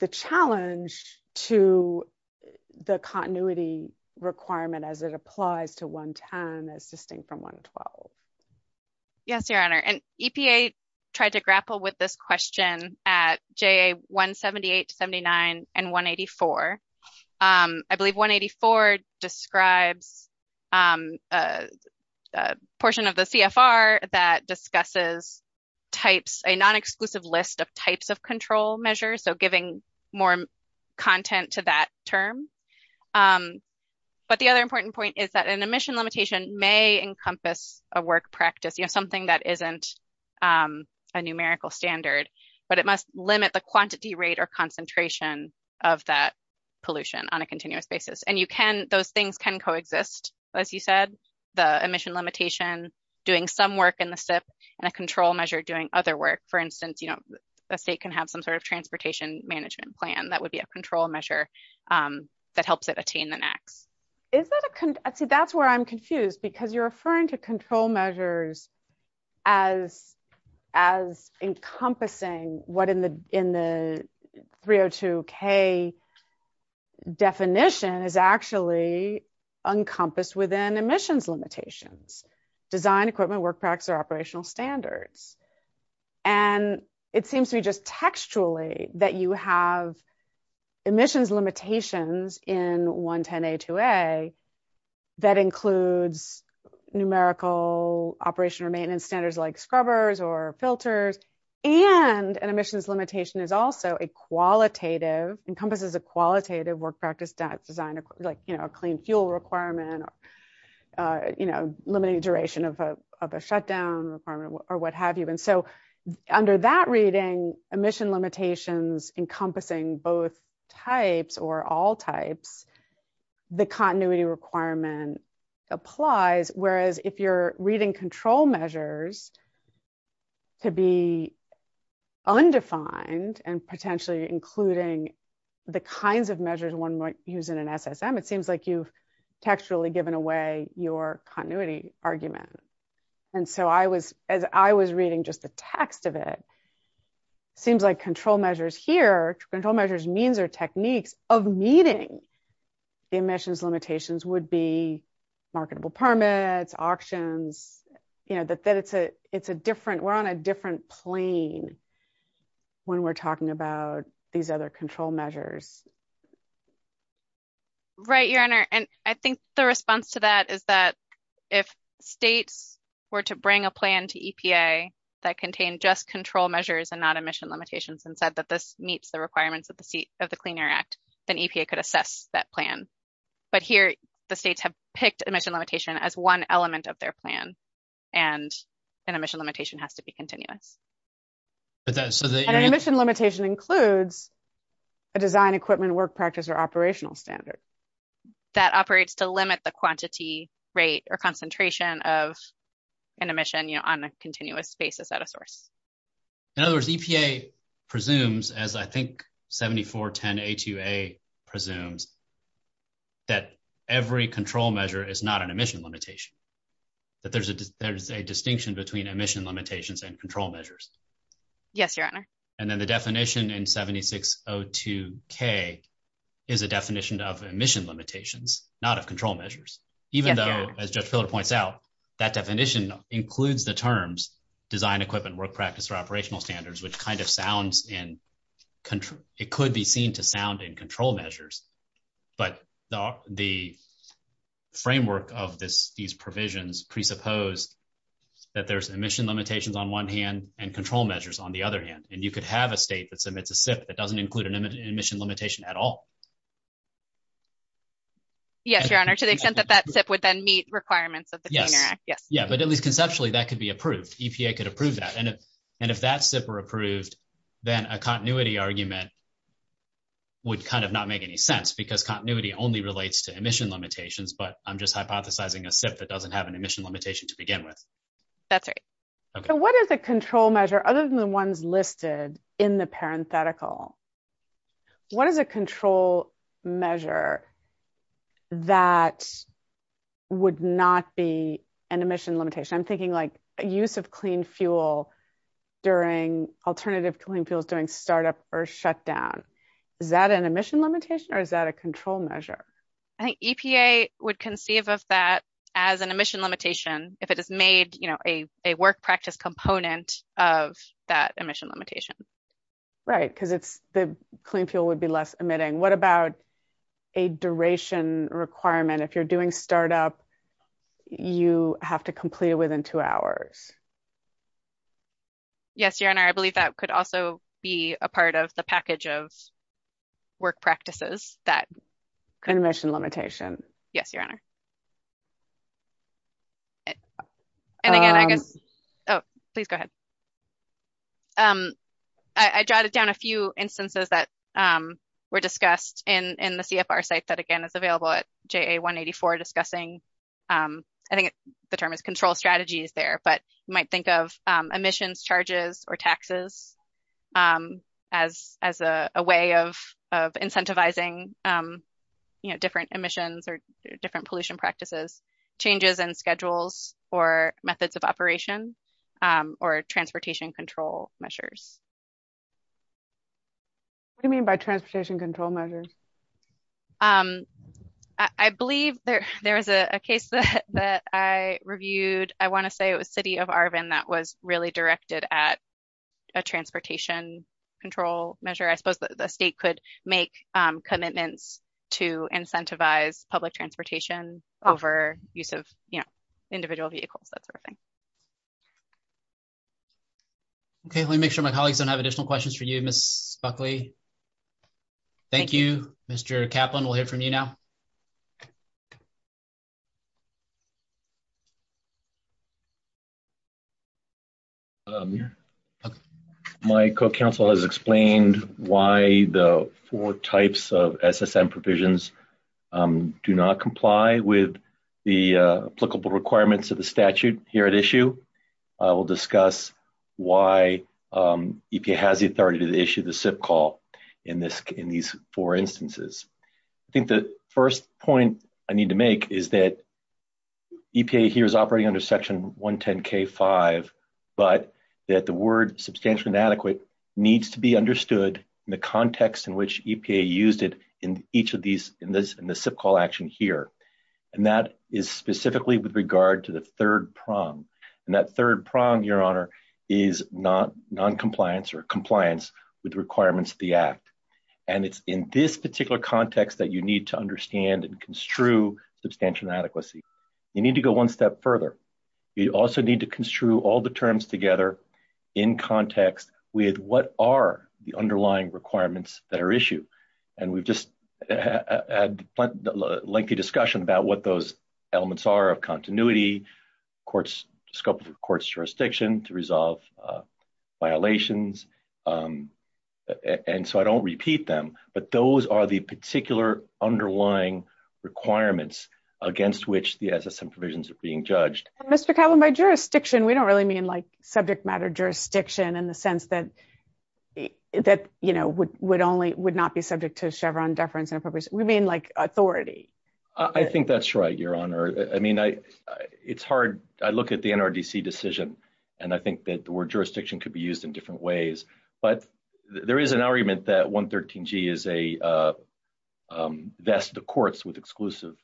the challenge to the continuity requirement as it applies to 110 as distinct from 112. Yes, Your Honor, and EPA tried to grapple with this question at JA 178-79 and 184. I believe 184 describes a portion of the CFR that discusses types, a non-exclusive list of types of control measures, so giving more content to that term. But the other important point is that an emission limitation may encompass a work practice, you know, something that isn't a numerical standard, but it must limit the quantity rate or concentration of that pollution on a continuous basis. And you can, those things can coexist. As you said, the emission limitation doing some work in the SIP and a control measure doing other work. For instance, you know, a state can have some sort of transportation management plan that would be a control measure. That helps it attain the net. That's where I'm confused because you're referring to control measures as encompassing what in the 302k definition is actually encompassed within emissions limitations. Design, equipment, work practice, or operational standards. And it seems to me just textually that you have emissions limitations in 110a-2a that includes numerical operation or maintenance standards like scrubbers or filters, and an emissions limitation is also a qualitative, encompasses a qualitative work practice design, like, you know, a clean fuel requirement, or, you know, limiting duration of a shutdown requirement or what have you. And so under that reading, emission limitations encompassing both types or all types, the continuity requirement applies, whereas if you're reading control measures to be undefined and potentially including the kinds of measures one might use in an SSM, it seems like you've textually given away your continuity argument. And so as I was reading just the text of it, it seems like control measures here, control measures means or techniques of meeting the emissions limitations would be marketable permits, auctions. You know, it's a different, we're on a different plane when we're talking about these other control measures. Right, your honor, and I think the response to that is that if states were to bring a plan to EPA that contained just control measures and not emission limitations, and said that this meets the requirements of the Clean Air Act, then EPA could assess that plan. But here the states have picked emission limitation as one element of their plan, and an emission limitation has to be continued. An emission limitation includes a design, equipment, work practice, or operational standard. That operates to limit the quantity, rate, or concentration of an emission, you know, on a continuous basis at a source. In other words, EPA presumes, as I think 7410HUA presumes, that every control measure is not an emission limitation. That there's a distinction between emission limitations and control measures. Yes, your honor. And then the definition in 7602K is a definition of emission limitations, not of control measures. Even though, as Judge Filler points out, that definition includes the terms design, equipment, work practice, or operational standards, which kind of sounds in, it could be seen to sound in control measures. But the framework of these provisions presuppose that there's emission limitations on one hand, and control measures on the other hand. And you could have a state that submits a SIP that doesn't include an emission limitation at all. Yes, your honor, to the extent that that SIP would then meet requirements of the Clean Air Act, yes. Yeah, but at least conceptually that could be approved. EPA could approve that. And if that SIP were approved, then a continuity argument would kind of not make any sense. Because continuity only relates to emission limitations, but I'm just hypothesizing a SIP that doesn't have an emission limitation to begin with. That's right. So what is a control measure, other than the ones listed in the parenthetical, what is a control measure that would not be an emission limitation? I'm thinking like a use of clean fuel during, alternative clean fuel during startup or shutdown. Is that an emission limitation or is that a control measure? I think EPA would conceive of that as an emission limitation if it has made a work practice component of that emission limitation. Right, because the clean fuel would be less emitting. What about a duration requirement? If you're doing startup, you have to complete it within two hours. Yes, your honor, I believe that could also be a part of the package of work practices that... Emission limitation. Yes, your honor. Please go ahead. I jotted down a few instances that were discussed in the CFR site that again is available at JA 184 discussing. I think the term is control strategies there, but you might think of emissions charges or taxes as a way of incentivizing different emissions or different pollution practices. Changes in schedules or methods of operation or transportation control measures. What do you mean by transportation control measures? I believe there's a case that I reviewed. I want to say it was city of Arvin that was really directed at a transportation control measure. I suppose the state could make commitments to incentivize public transportation over use of individual vehicles. Okay, let me make sure my colleagues don't have additional questions for you. Ms. Buckley, thank you. Mr. Kaplan, we'll hear from you now. My co-counsel has explained why the four types of SSM provisions do not comply with the applicable requirements of the statute here at issue. I will discuss why EPA has the authority to issue the SIP call in these four instances. I think the first point I need to make is that EPA here is operating under Section 110 K-5, but that the word substantially inadequate needs to be understood in the context in which EPA used it in each of these in the SIP call action here. That is specifically with regard to the third prong. That third prong, your honor, is noncompliance or compliance with requirements of the act. It's in this particular context that you need to understand and construe substantial inadequacy. You need to go one step further. You also need to construe all the terms together in context with what are the underlying requirements that are issued. We've just had a lengthy discussion about what those elements are of continuity, scope of the court's jurisdiction to resolve violations. I don't repeat them, but those are the particular underlying requirements against which the SSM provisions are being judged. Mr. Cowan, by jurisdiction, we don't really mean like subject matter jurisdiction in the sense that would not be subject to Chevron deference. We mean like authority. I think that's right, your honor. It's hard. I look at the NRDC decision, and I think that the word jurisdiction could be used in different ways. There is an argument that 113G is a vest of courts with exclusive,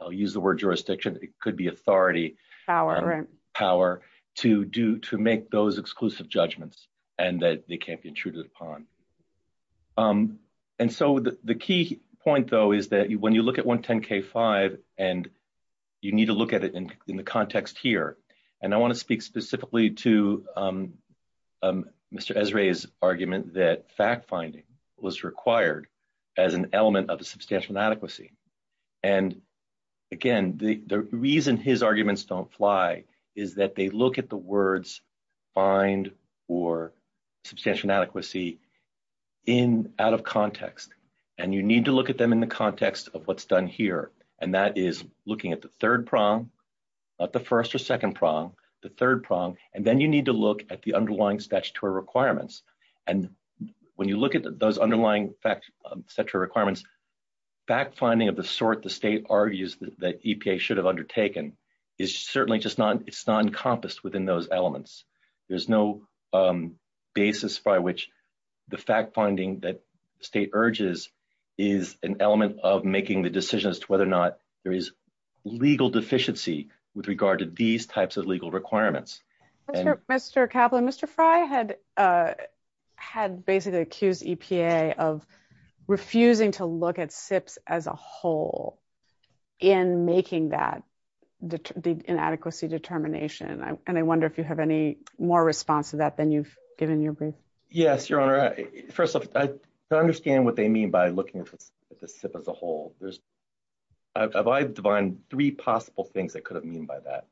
I'll use the word jurisdiction, it could be authority, power to make those exclusive judgments and that they can't be intruded upon. The key point, though, is that when you look at 110K5, and you need to look at it in the context here. I want to speak specifically to Mr. Esrae's argument that fact-finding was required as an element of the substantial inadequacy. Again, the reason his arguments don't fly is that they look at the words find or substantial inadequacy out of context. You need to look at them in the context of what's done here, and that is looking at the third prong, not the first or second prong, the third prong, and then you need to look at the underlying statutory requirements. When you look at those underlying statutory requirements, fact-finding of the sort the state argues that EPA should have undertaken is certainly just not encompassed within those elements. There's no basis by which the fact-finding that state urges is an element of making the decision as to whether or not there is legal deficiency with regard to these types of legal requirements. Mr. Kaplan, Mr. Fry had basically accused EPA of refusing to look at SIPs as a whole in making that inadequacy determination, and I wonder if you have any more response to that than you've given your brief. Yes, Your Honor. First off, I understand what they mean by looking at the SIP as a whole. I've identified three possible things that could have been by that.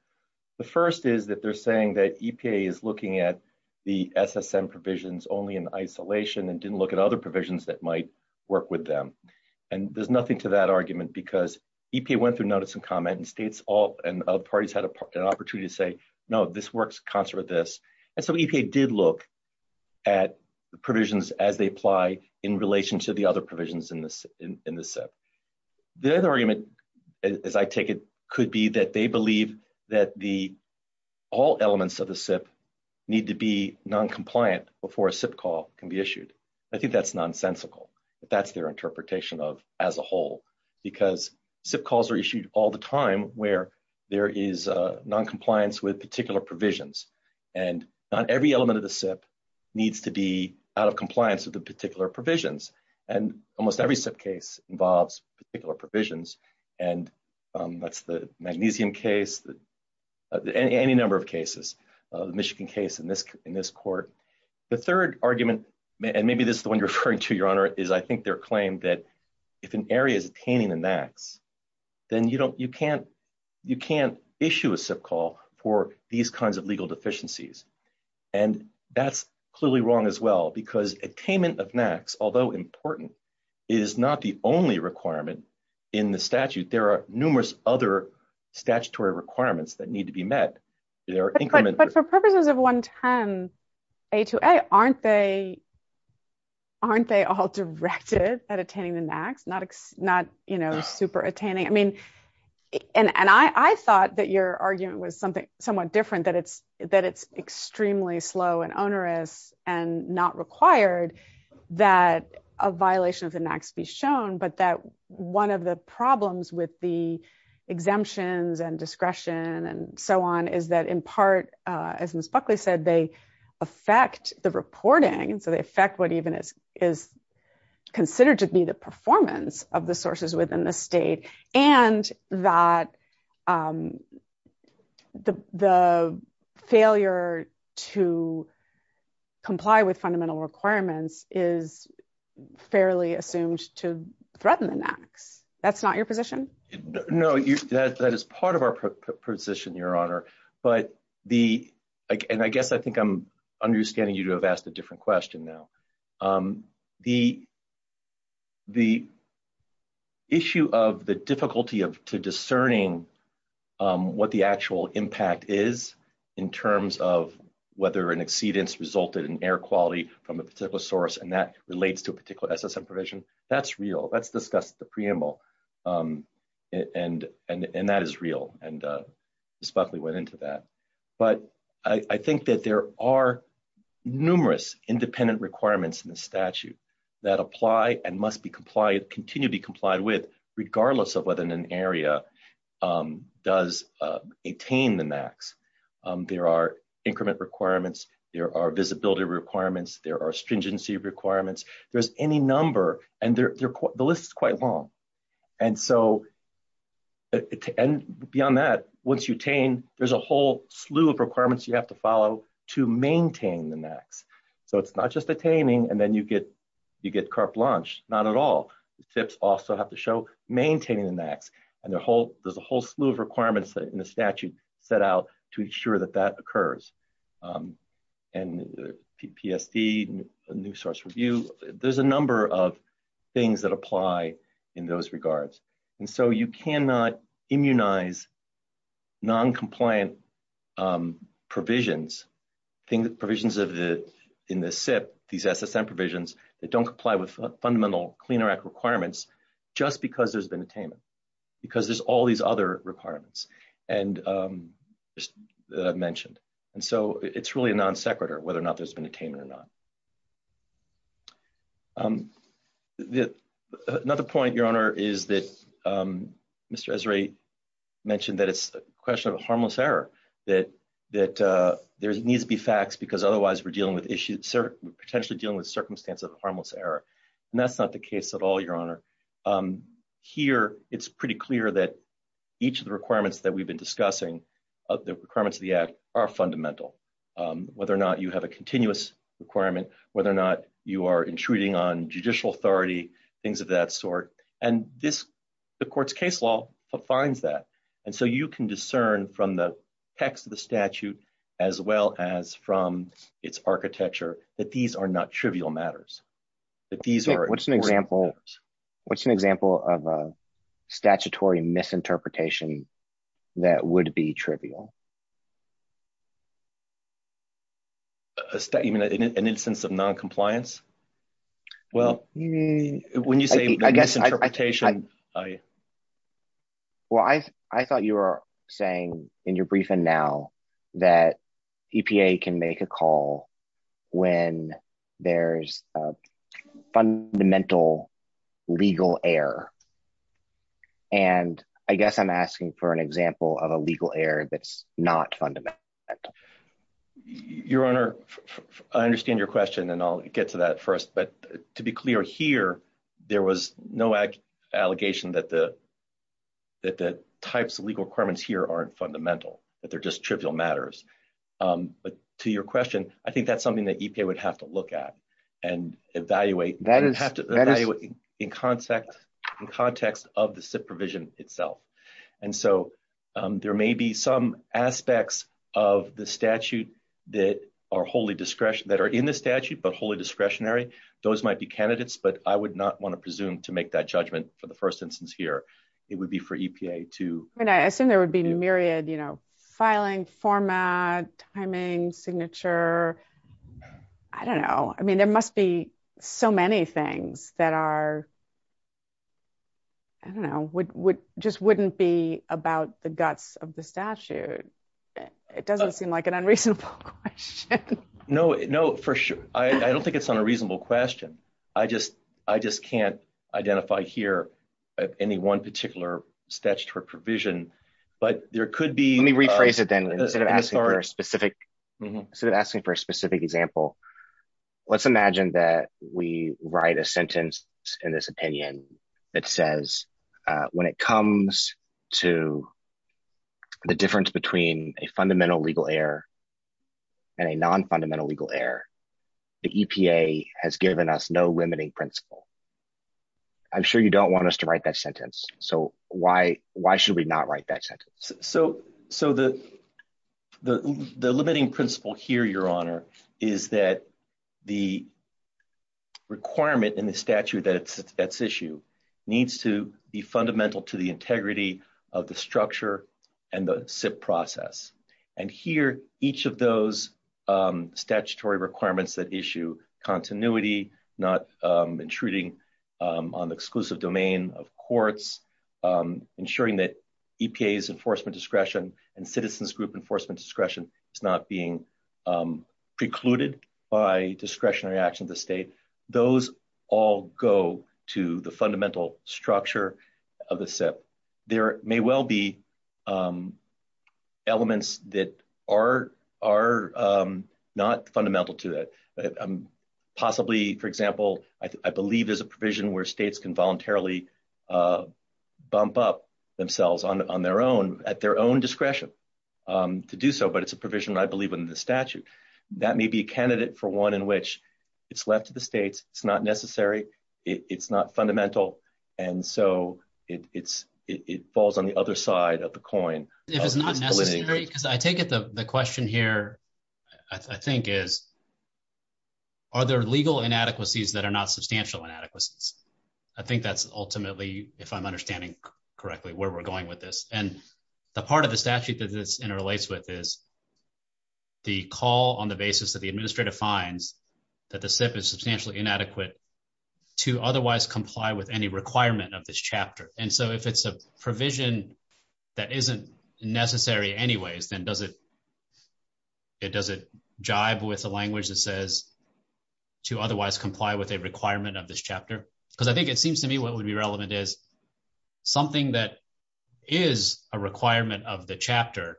The first is that they're saying that EPA is looking at the SSM provisions only in isolation and didn't look at other provisions that might work with them. And there's nothing to that argument because EPA went through notice and comment, and states and other parties had an opportunity to say, no, this works in concert with this. And so EPA did look at provisions as they apply in relation to the other provisions in the SIP. The other argument, as I take it, could be that they believe that all elements of the SIP need to be noncompliant before a SIP call can be issued. I think that's nonsensical. That's their interpretation of as a whole because SIP calls are issued all the time where there is noncompliance with particular provisions. And not every element of the SIP needs to be out of compliance with the particular provisions. And almost every SIP case involves particular provisions. And that's the magnesium case, any number of cases, the Michigan case in this court. The third argument, and maybe this is the one you're referring to, Your Honor, is I think their claim that if an area is attaining a max, then you can't issue a SIP call for these kinds of legal deficiencies. And that's clearly wrong as well because attainment of max, although important, is not the only requirement in the statute. There are numerous other statutory requirements that need to be met. But for purposes of 110A2A, aren't they all directed at attaining the max, not super attaining? And I thought that your argument was somewhat different, that it's extremely slow and onerous and not required that a violation of the max be shown. But that one of the problems with the exemptions and discretion and so on is that in part, as Ms. Buckley said, they affect the reporting. So they affect what even is considered to be the performance of the sources within the state and that the failure to comply with fundamental requirements is fairly assumed to threaten the max. That's not your position? No, that is part of our position, Your Honor. And I guess I think I'm understanding you to have asked a different question now. The issue of the difficulty to discerning what the actual impact is in terms of whether an exceedance resulted in air quality from a particular source and that relates to a particular SSM provision, that's real. That's discussed at the preamble. And that is real. And Ms. Buckley went into that. But I think that there are numerous independent requirements in the statute that apply and must be complied, continue to be complied with, regardless of whether an area does attain the max. There are increment requirements. There are visibility requirements. There are stringency requirements. There's any number, and the list is quite long. And so beyond that, once you attain, there's a whole slew of requirements you have to follow to maintain the max. So it's not just attaining and then you get carte blanche. Not at all. The tips also have to show maintaining the max. And there's a whole slew of requirements in the statute set out to ensure that that occurs. And the PFD, the new source review, there's a number of things that apply in those regards. And so you cannot immunize noncompliant provisions, provisions in the SIP, these SSM provisions, that don't comply with fundamental Clean Air Act requirements just because there's been attainment, because there's all these other requirements that I've mentioned. And so it's really a non sequitur whether or not there's been attainment or not. Another point, Your Honor, is that Mr. Esrae mentioned that it's a question of a harmless error, that there needs to be facts because otherwise we're dealing with issues, potentially dealing with circumstances of a harmless error. And that's not the case at all, Your Honor. Here, it's pretty clear that each of the requirements that we've been discussing of the requirements of the act are fundamental. Whether or not you have a continuous requirement, whether or not you are intruding on judicial authority, things of that sort. And this, the court's case law defines that. And so you can discern from the text of the statute, as well as from its architecture, that these are not trivial matters. What's an example of a statutory misinterpretation that would be trivial? An instance of noncompliance? Well, when you say misinterpretation... Well, I thought you were saying in your briefing now that EPA can make a call when there's a fundamental legal error. And I guess I'm asking for an example of a legal error that's not fundamental. Your Honor, I understand your question, and I'll get to that first. But to be clear here, there was no allegation that the types of legal requirements here aren't fundamental, that they're just trivial matters. But to your question, I think that's something that EPA would have to look at and evaluate in context of the SIP provision itself. And so there may be some aspects of the statute that are in the statute but wholly discretionary. Those might be candidates, but I would not want to presume to make that judgment for the first instance here. It would be for EPA to... I assume there would be a myriad, you know, filing, format, timing, signature. I don't know. I mean, there must be so many things that just wouldn't be about the guts of the statute. It doesn't seem like an unreasonable question. No, for sure. I don't think it's an unreasonable question. I just can't identify here any one particular statutory provision. But there could be... Let me rephrase it then. Instead of asking for a specific example, let's imagine that we write a sentence in this opinion that says, when it comes to the difference between a fundamental legal error and a non-fundamental legal error, the EPA has given us no limiting principle. I'm sure you don't want us to write that sentence. So why should we not write that sentence? So the limiting principle here, Your Honor, is that the requirement in the statute that's issued needs to be fundamental to the integrity of the structure and the SIP process. And here, each of those statutory requirements that issue continuity, not intruding on the exclusive domain of courts, ensuring that EPA's enforcement discretion and citizens' group enforcement discretion is not being precluded by discretionary actions of the state, those all go to the fundamental structure of the SIP. But there may well be elements that are not fundamental to that. Possibly, for example, I believe there's a provision where states can voluntarily bump up themselves on their own at their own discretion to do so. But it's a provision I believe in the statute. That may be a candidate for one in which it's left to the states. It's not necessary. It's not fundamental. And so it falls on the other side of the coin. If it's not necessary, because I think the question here, I think, is are there legal inadequacies that are not substantial inadequacies? I think that's ultimately, if I'm understanding correctly, where we're going with this. And the part of the statute that this interrelates with is the call on the basis that the administrator finds that the SIP is substantially inadequate to otherwise comply with any requirement of this chapter. And so if it's a provision that isn't necessary anyways, then does it jive with the language that says to otherwise comply with a requirement of this chapter? Because I think it seems to me what would be relevant is something that is a requirement of the chapter,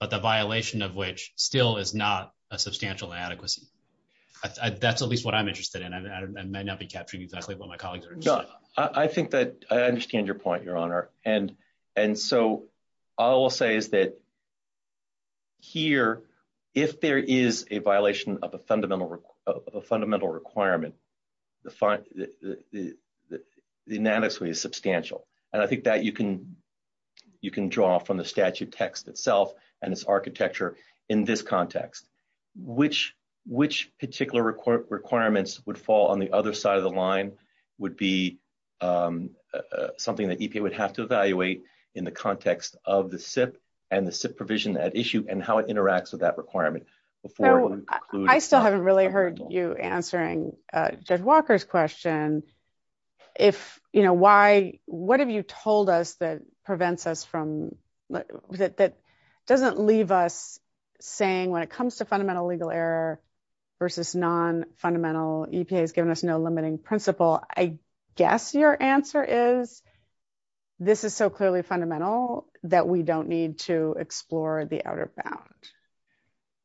but the violation of which still is not a substantial inadequacy. That's at least what I'm interested in, and I may not be capturing exactly what my colleagues are. I think that I understand your point, Your Honor, and so all I'll say is that here, if there is a violation of a fundamental requirement, the inadequacy is substantial. And I think that you can draw from the statute text itself and its architecture in this context. Which particular requirements would fall on the other side of the line would be something that EPA would have to evaluate in the context of the SIP and the SIP provision at issue and how it interacts with that requirement? I still haven't really heard you answering Judge Walker's question. What have you told us that prevents us from, that doesn't leave us saying when it comes to fundamental legal error versus non-fundamental, EPA has given us no limiting principle. I guess your answer is this is so clearly fundamental that we don't need to explore the outer bound.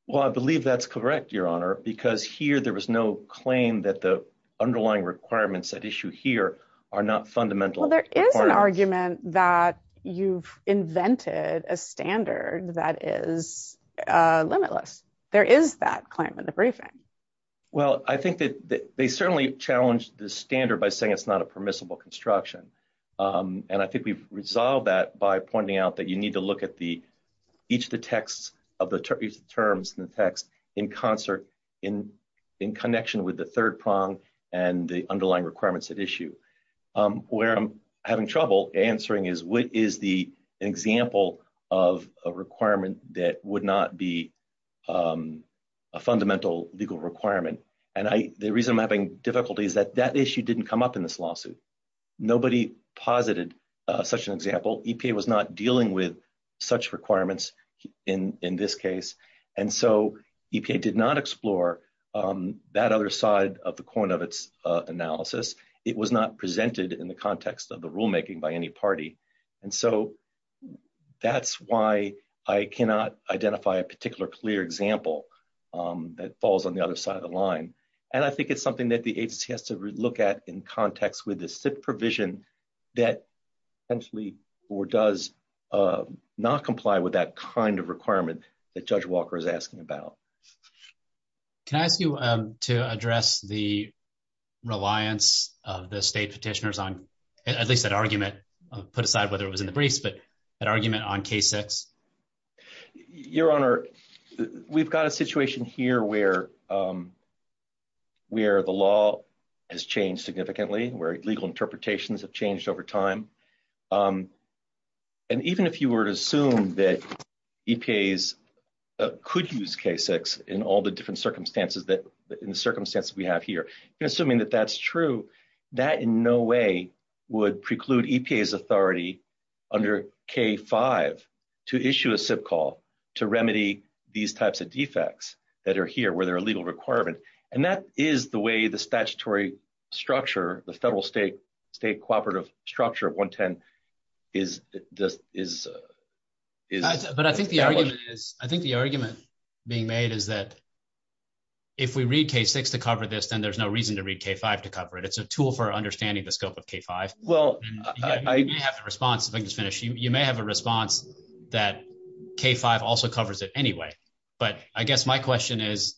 Well, I believe that's correct, Your Honor, because here there was no claim that the underlying requirements at issue here are not fundamental. Well, there is an argument that you've invented a standard that is limitless. There is that claim in the briefing. Well, I think that they certainly challenged the standard by saying it's not a permissible construction. And I think we've resolved that by pointing out that you need to look at each of the terms in the text in connection with the third prong and the underlying requirements at issue. Where I'm having trouble answering is what is the example of a requirement that would not be a fundamental legal requirement? And the reason I'm having difficulty is that that issue didn't come up in this lawsuit. Nobody posited such an example. EPA was not dealing with such requirements in this case. And so EPA did not explore that other side of the coin of its analysis. It was not presented in the context of the rulemaking by any party. And so that's why I cannot identify a particular clear example that falls on the other side of the line. And I think it's something that the agency has to look at in context with the SIPP provision that essentially or does not comply with that kind of requirement that Judge Walker is asking about. Can I ask you to address the reliance of the state petitioners on, at least that argument, put aside whether it was in the briefs, but that argument on K-6? Your Honor, we've got a situation here where the law has changed significantly, where legal interpretations have changed over time. And even if you were to assume that EPAs could use K-6 in all the different circumstances, in the circumstances we have here, you're assuming that that's true, that in no way would preclude EPA's authority under K-5 to issue a SIPP call to remedy these types of defects that are here where there are legal requirements. And that is the way the statutory structure, the federal-state cooperative structure of 110 is challenged. I think the argument being made is that if we read K-6 to cover this, then there's no reason to read K-5 to cover it. It's a tool for understanding the scope of K-5. You may have a response that K-5 also covers it anyway. But I guess my question is,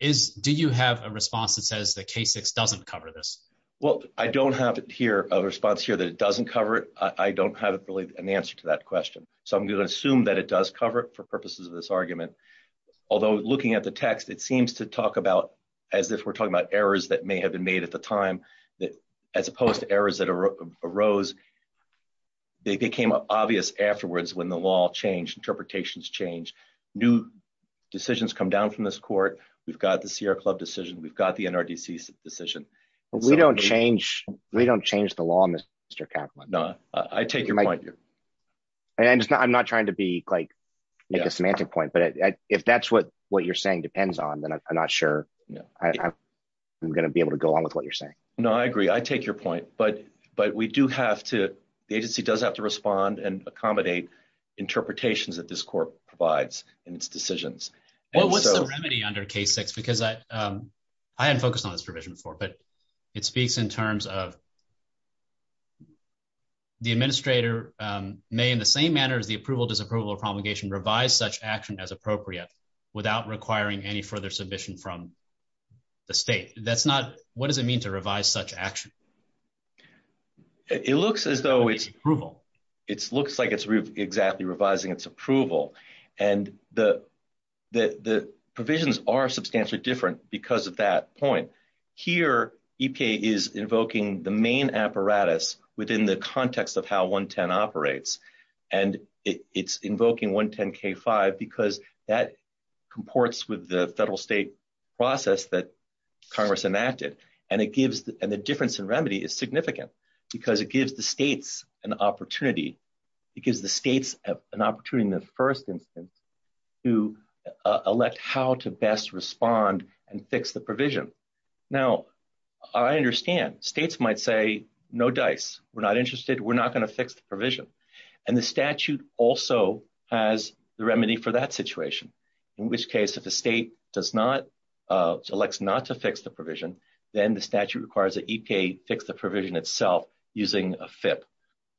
do you have a response that says that K-6 doesn't cover this? Well, I don't have here a response here that it doesn't cover it. I don't have really an answer to that question. So I'm going to assume that it does cover it for purposes of this argument. Although looking at the text, it seems to talk about, as if we're talking about errors that may have been made at the time, as opposed to errors that arose. They became obvious afterwards when the law changed, interpretations changed. New decisions come down from this court. We've got the Sierra Club decision. We've got the NRDC decision. We don't change the law, Mr. Kaplan. No, I take your point. I'm not trying to make a semantic point. But if that's what you're saying depends on, then I'm not sure I'm going to be able to go along with what you're saying. No, I agree. I take your point. But the agency does have to respond and accommodate interpretations that this court provides in its decisions. What was the remedy under K6? Because I had focused on this provision before, but it speaks in terms of the administrator may, in the same manner as the approval, disapproval, or promulgation, revise such action as appropriate without requiring any further submission from the state. What does it mean to revise such action? It looks as though it's approval. It looks like it's exactly revising its approval. And the provisions are substantially different because of that point. Here, EPA is invoking the main apparatus within the context of how 110 operates. And it's invoking 110K5 because that comports with the federal state process that Congress enacted. And the difference in remedy is significant because it gives the states an opportunity. It gives the states an opportunity in the first instance to elect how to best respond and fix the provision. Now, I understand. States might say, no dice. We're not interested. We're not going to fix the provision. And the statute also has the remedy for that situation. In which case, if the state selects not to fix the provision, then the statute requires that EPA fix the provision itself using a FIP,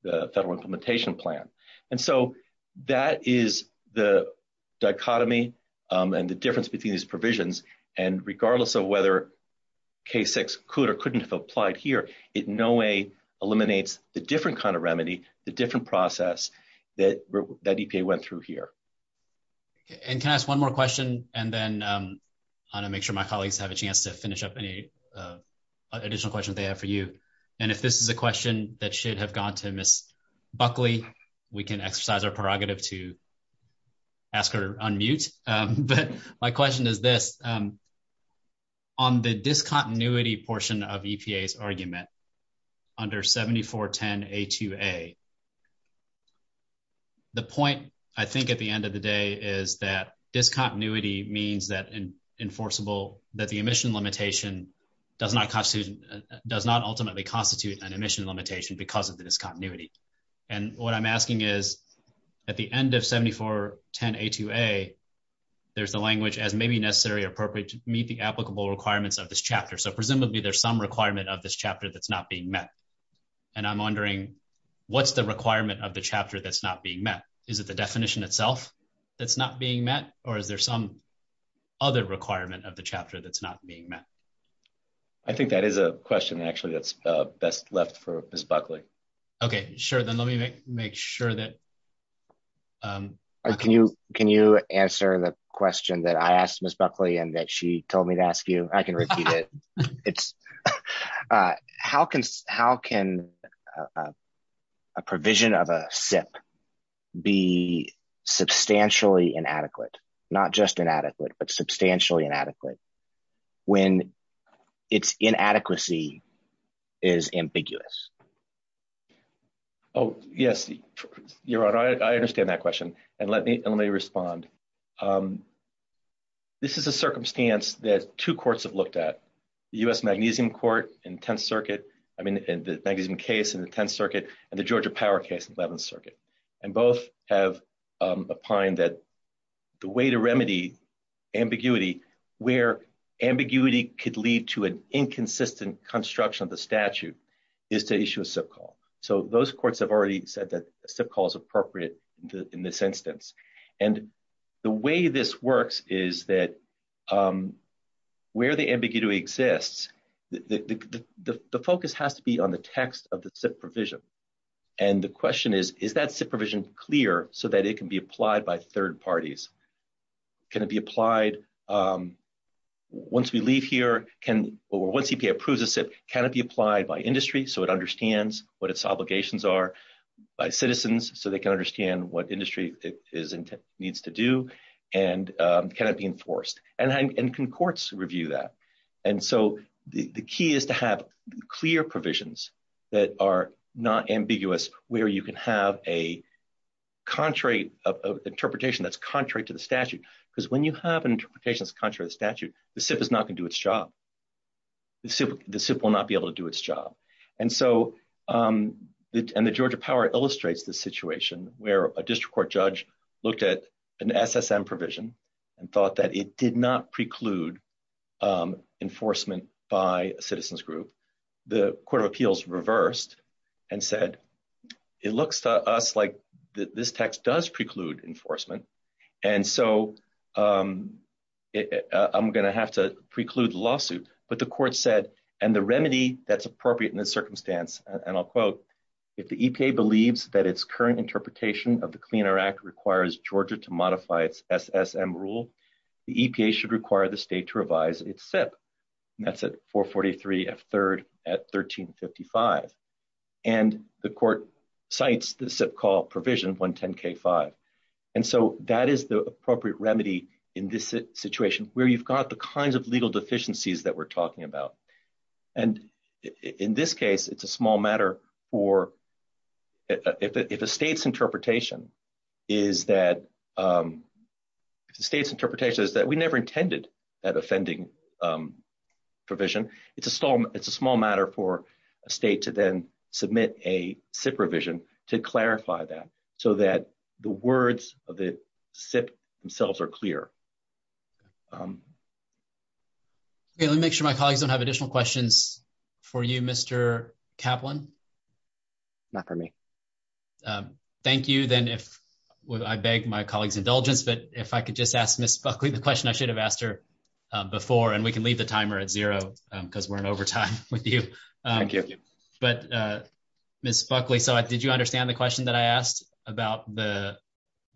the Federal Implementation Plan. And so that is the dichotomy and the difference between these provisions. And regardless of whether K6 could or couldn't have applied here, it in no way eliminates the different kind of remedy, the different process that EPA went through here. And can I ask one more question? And then I want to make sure my colleagues have a chance to finish up any additional questions they have for you. And if this is a question that should have gone to Ms. Buckley, we can exercise our prerogative to ask her on mute. But my question is this. On the discontinuity portion of EPA's argument under 7410A2A, the point I think at the end of the day is that discontinuity means that the emission limitation does not ultimately constitute an emission limitation because of the discontinuity. And what I'm asking is, at the end of 7410A2A, there's the language as maybe necessary or appropriate to meet the applicable requirements of this chapter. So presumably there's some requirement of this chapter that's not being met. And I'm wondering, what's the requirement of the chapter that's not being met? Is it the definition itself that's not being met? Or is there some other requirement of the chapter that's not being met? I think that is a question, actually, that's best left for Ms. Buckley. Okay, sure. Then let me make sure that... Can you answer the question that I asked Ms. Buckley and that she told me to ask you? I can repeat it. How can a provision of a SIP be substantially inadequate, not just inadequate, but substantially inadequate, when its inadequacy is ambiguous? Oh, yes. You're right. I understand that question. And let me respond. This is a circumstance that two courts have looked at, the U.S. Magnesium case in the Tenth Circuit and the Georgia Power case in the Eleventh Circuit. And both have opined that the way to remedy ambiguity, where ambiguity could lead to an inconsistent construction of the statute, is to issue a SIP call. So those courts have already said that a SIP call is appropriate in this instance. And the way this works is that where the ambiguity exists, the focus has to be on the text of the SIP provision. And the question is, is that SIP provision clear so that it can be applied by third parties? Can it be applied once we leave here, or once EPA approves a SIP, can it be applied by industry so it understands what its obligations are, by citizens so they can understand what industry needs to do, and can it be enforced? And can courts review that? And so the key is to have clear provisions that are not ambiguous where you can have an interpretation that's contrary to the statute. Because when you have an interpretation that's contrary to the statute, the SIP is not going to do its job. The SIP will not be able to do its job. And so the Georgia Power illustrates this situation where a district court judge looked at an SSM provision and thought that it did not preclude enforcement by a citizens group. The Court of Appeals reversed and said, it looks to us like this text does preclude enforcement, and so I'm going to have to preclude the lawsuit. But the court said, and the remedy that's appropriate in this circumstance, and I'll quote, if the EPA believes that its current interpretation of the Clean Air Act requires Georgia to modify its SSM rule, the EPA should require the state to revise its SIP. And that's at 443F3 at 1355. And the court cites the SIP call provision 110K5. And so that is the appropriate remedy in this situation where you've got the kinds of legal deficiencies that we're talking about. And in this case, it's a small matter for – if a state's interpretation is that – if a state's interpretation is that we never intended that offending provision, it's a small matter for a state to then submit a SIP revision to clarify that so that the words of the SIP themselves are clear. Okay, let me make sure my colleagues don't have additional questions for you, Mr. Kaplan. Not for me. Thank you. Then if – I beg my colleagues' indulgence, but if I could just ask Ms. Buckley the question I should have asked her before, and we can leave the timer at zero because we're in overtime with you. Thank you. But, Ms. Buckley, so did you understand the question that I asked about the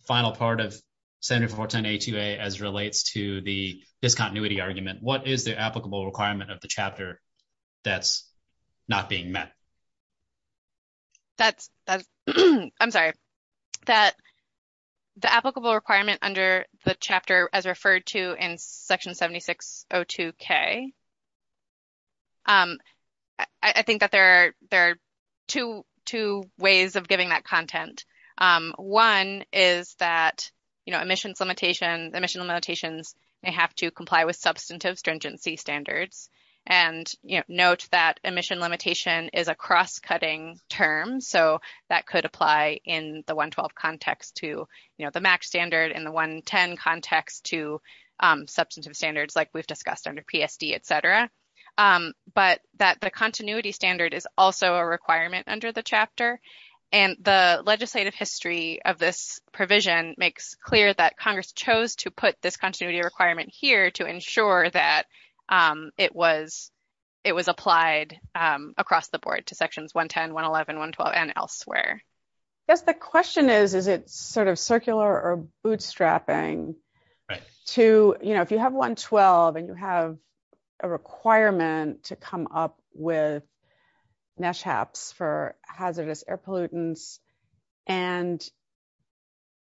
final part of Senate Report 1082A as it relates to the discontinuity argument? What is the applicable requirement of the chapter that's not being met? That's – I'm sorry. That the applicable requirement under the chapter as referred to in Section 7602K, I think that there are two ways of giving that content. One is that, you know, emissions limitations may have to comply with substantive stringency standards. And, you know, note that emission limitation is a cross-cutting term, so that could apply in the 112 context to, you know, the MAC standard and the 110 context to substantive standards like we've discussed under PSD, et cetera. But that the continuity standard is also a requirement under the chapter. And the legislative history of this provision makes clear that Congress chose to put this continuity requirement here to ensure that it was applied across the board to Sections 110, 111, 112, and elsewhere. Yes, the question is, is it sort of circular or bootstrapping to, you know, if you have 112 and you have a requirement to come up with NESHAPs for hazardous air pollutants, and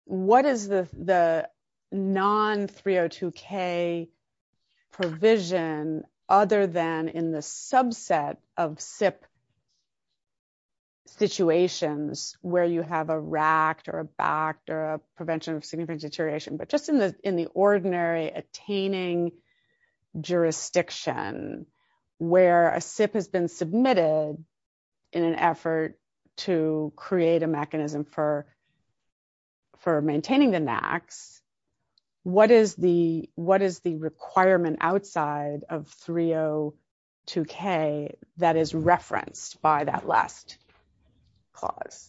what is the non-302K provision other than in the subset of SIPP situations? Not where you have a RACT or a BACT or a prevention of significant deterioration, but just in the ordinary attaining jurisdiction where a SIPP has been submitted in an effort to create a mechanism for maintaining the NACs, what is the requirement outside of 302K that is referenced by that last clause?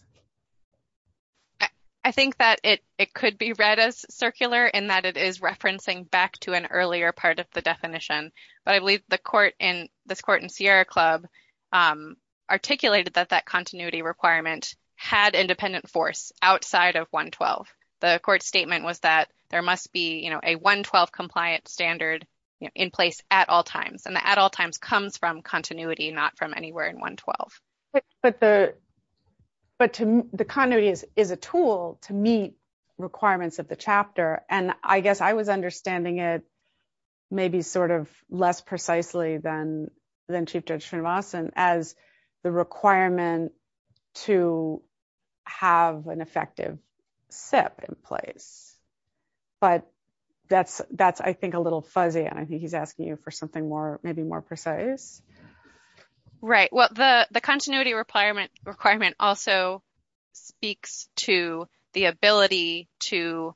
I think that it could be read as circular in that it is referencing back to an earlier part of the definition. But I believe the court in—this court in Sierra Club articulated that that continuity requirement had independent force outside of 112. The court's statement was that there must be, you know, a 112-compliant standard in place at all times. And the at all times comes from continuity, not from anywhere in 112. But the continuity is a tool to meet requirements of the chapter, and I guess I was understanding it maybe sort of less precisely than Chief Judge Srinivasan as the requirement to have an effective SIPP in place. But that's, I think, a little fuzzy, and I think he's asking you for something more, maybe more precise. Right. Well, the continuity requirement also speaks to the ability to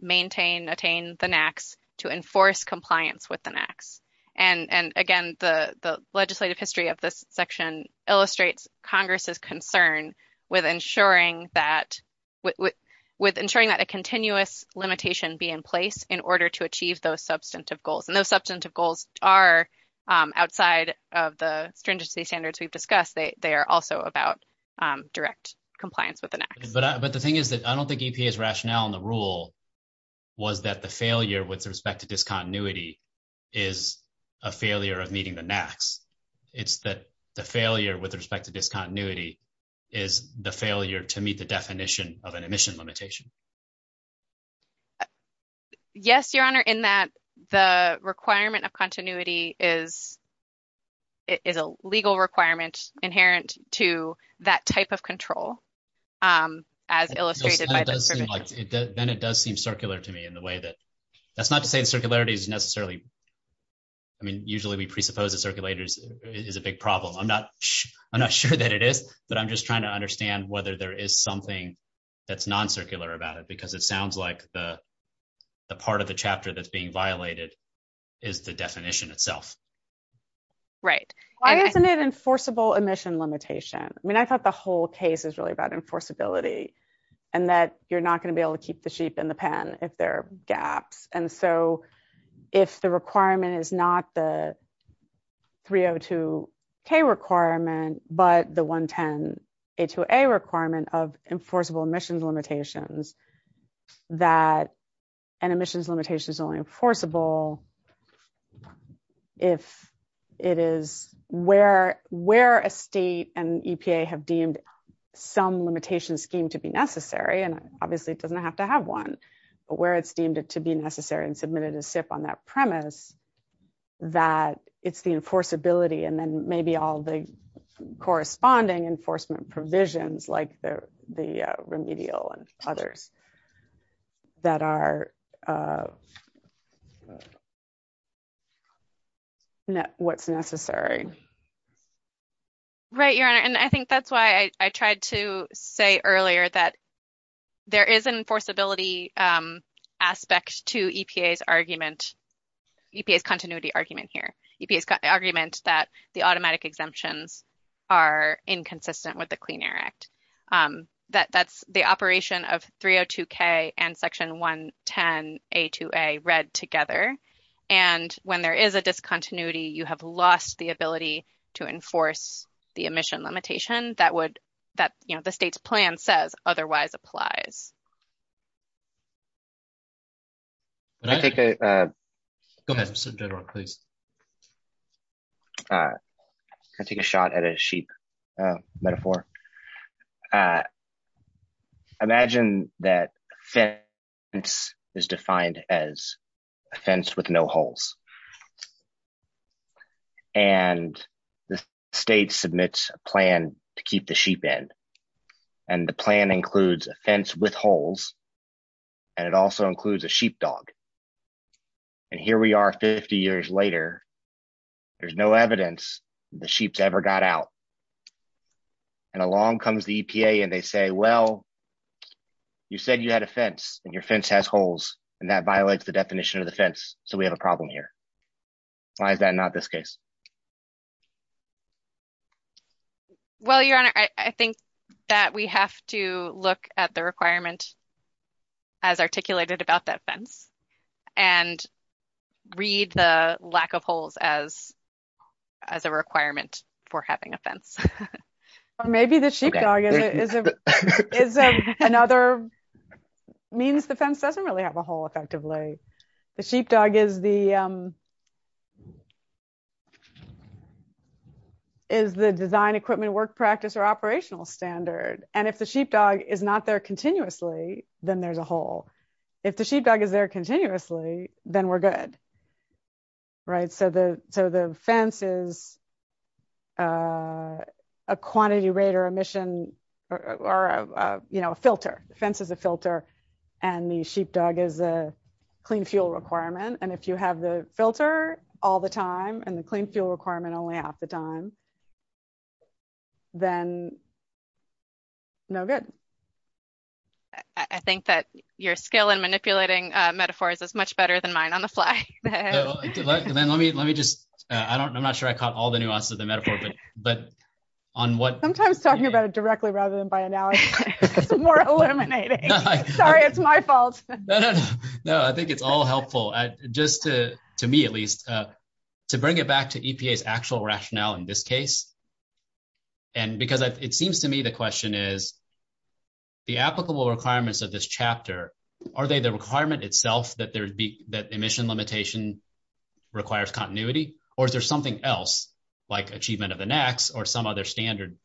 maintain, attain the NACs, to enforce compliance with the NACs. And, again, the legislative history of this section illustrates Congress's concern with ensuring that a continuous limitation be in place in order to achieve those substantive goals. And those substantive goals are, outside of the stringency standards we've discussed, they are also about direct compliance with the NACs. But the thing is that I don't think EPA's rationale and the rule was that the failure with respect to discontinuity is a failure of meeting the NACs. It's that the failure with respect to discontinuity is the failure to meet the definition of an emission limitation. Yes, Your Honor, in that the requirement of continuity is a legal requirement inherent to that type of control as illustrated by the provision. Then it does seem circular to me in the way that – that's not to say that circularity is necessarily – I mean, usually we presuppose a circulator is a big problem. I'm not sure that it is, but I'm just trying to understand whether there is something that's non-circular about it because it sounds like the part of the chapter that's being violated is the definition itself. Right. Why isn't it enforceable emission limitation? I mean, I thought the whole case was really about enforceability and that you're not going to be able to keep the sheep in the pen if there are gaps. If the requirement is not the 302K requirement, but the 110A2A requirement of enforceable emissions limitations, that an emissions limitation is only enforceable if it is where a state and EPA have deemed some limitation scheme to be necessary. Obviously, it doesn't have to have one, but where it's deemed it to be necessary and submitted a SIP on that premise that it's the enforceability and then maybe all the corresponding enforcement provisions like the remedial and others that are – what's necessary. Right, and I think that's why I tried to say earlier that there is an enforceability aspect to EPA's argument – EPA's continuity argument here. EPA's argument that the automatic exemptions are inconsistent with the Clean Air Act. That's the operation of 302K and Section 110A2A read together. And when there is a discontinuity, you have lost the ability to enforce the emission limitation that would – that the state's plan says otherwise applies. Can I take a – Go ahead, Mr. General, please. Can I take a shot at a sheep metaphor? Imagine that fence is defined as a fence with no holes. And the state submits a plan to keep the sheep in. And the plan includes a fence with holes, and it also includes a sheepdog. And here we are 50 years later. There's no evidence the sheep's ever got out. And along comes the EPA, and they say, well, you said you had a fence, and your fence has holes, and that violates the definition of the fence, so we have a problem here. Why is that not this case? Well, Your Honor, I think that we have to look at the requirement as articulated about that fence and read the lack of holes as a requirement for having a fence. Or maybe the sheepdog is another means the fence doesn't really have a hole effectively. The sheepdog is the design, equipment, work practice, or operational standard. And if the sheepdog is not there continuously, then there's a hole. If the sheepdog is there continuously, then we're good. Right? So the fence is a quantity rate or emission or a filter. The fence is a filter, and the sheepdog is a clean fuel requirement. And if you have the filter all the time and the clean fuel requirement only half the time, then no good. I think that your skill in manipulating metaphors is much better than mine on the fly. Let me, let me just, I don't, I'm not sure I caught all the nuances of the metaphor, but on what... Sometimes talking about it directly rather than by analogy is more illuminating. Sorry, it's my fault. No, I think it's all helpful, just to me at least, to bring it back to EPA's actual rationale in this case. And because it seems to me the question is, the applicable requirements of this chapter, are they the requirement itself that there'd be that emission limitation requires continuity? Or is there something else like achievement of the next or some other standard?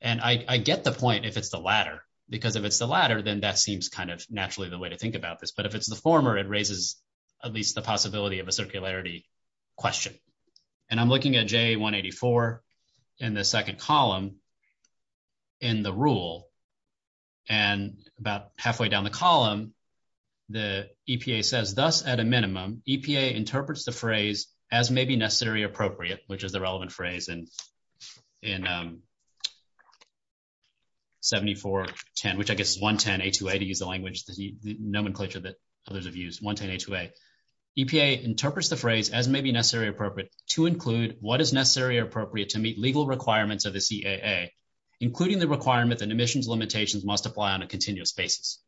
And I get the point if it's the latter, because if it's the latter, then that seems kind of naturally the way to think about this. But if it's the former, it raises at least the possibility of a circularity question. And I'm looking at J184 in the second column in the rule, and about halfway down the column, the EPA says, Thus, at a minimum, EPA interprets the phrase as may be necessarily appropriate, which is the relevant phrase in 7410, which I guess is 110A2A to use the language, the nomenclature that others have used, 110A2A. EPA interprets the phrase as may be necessarily appropriate to include what is necessarily appropriate to meet legal requirements of the CAA, including the requirement that emissions limitations must apply on a continuous basis.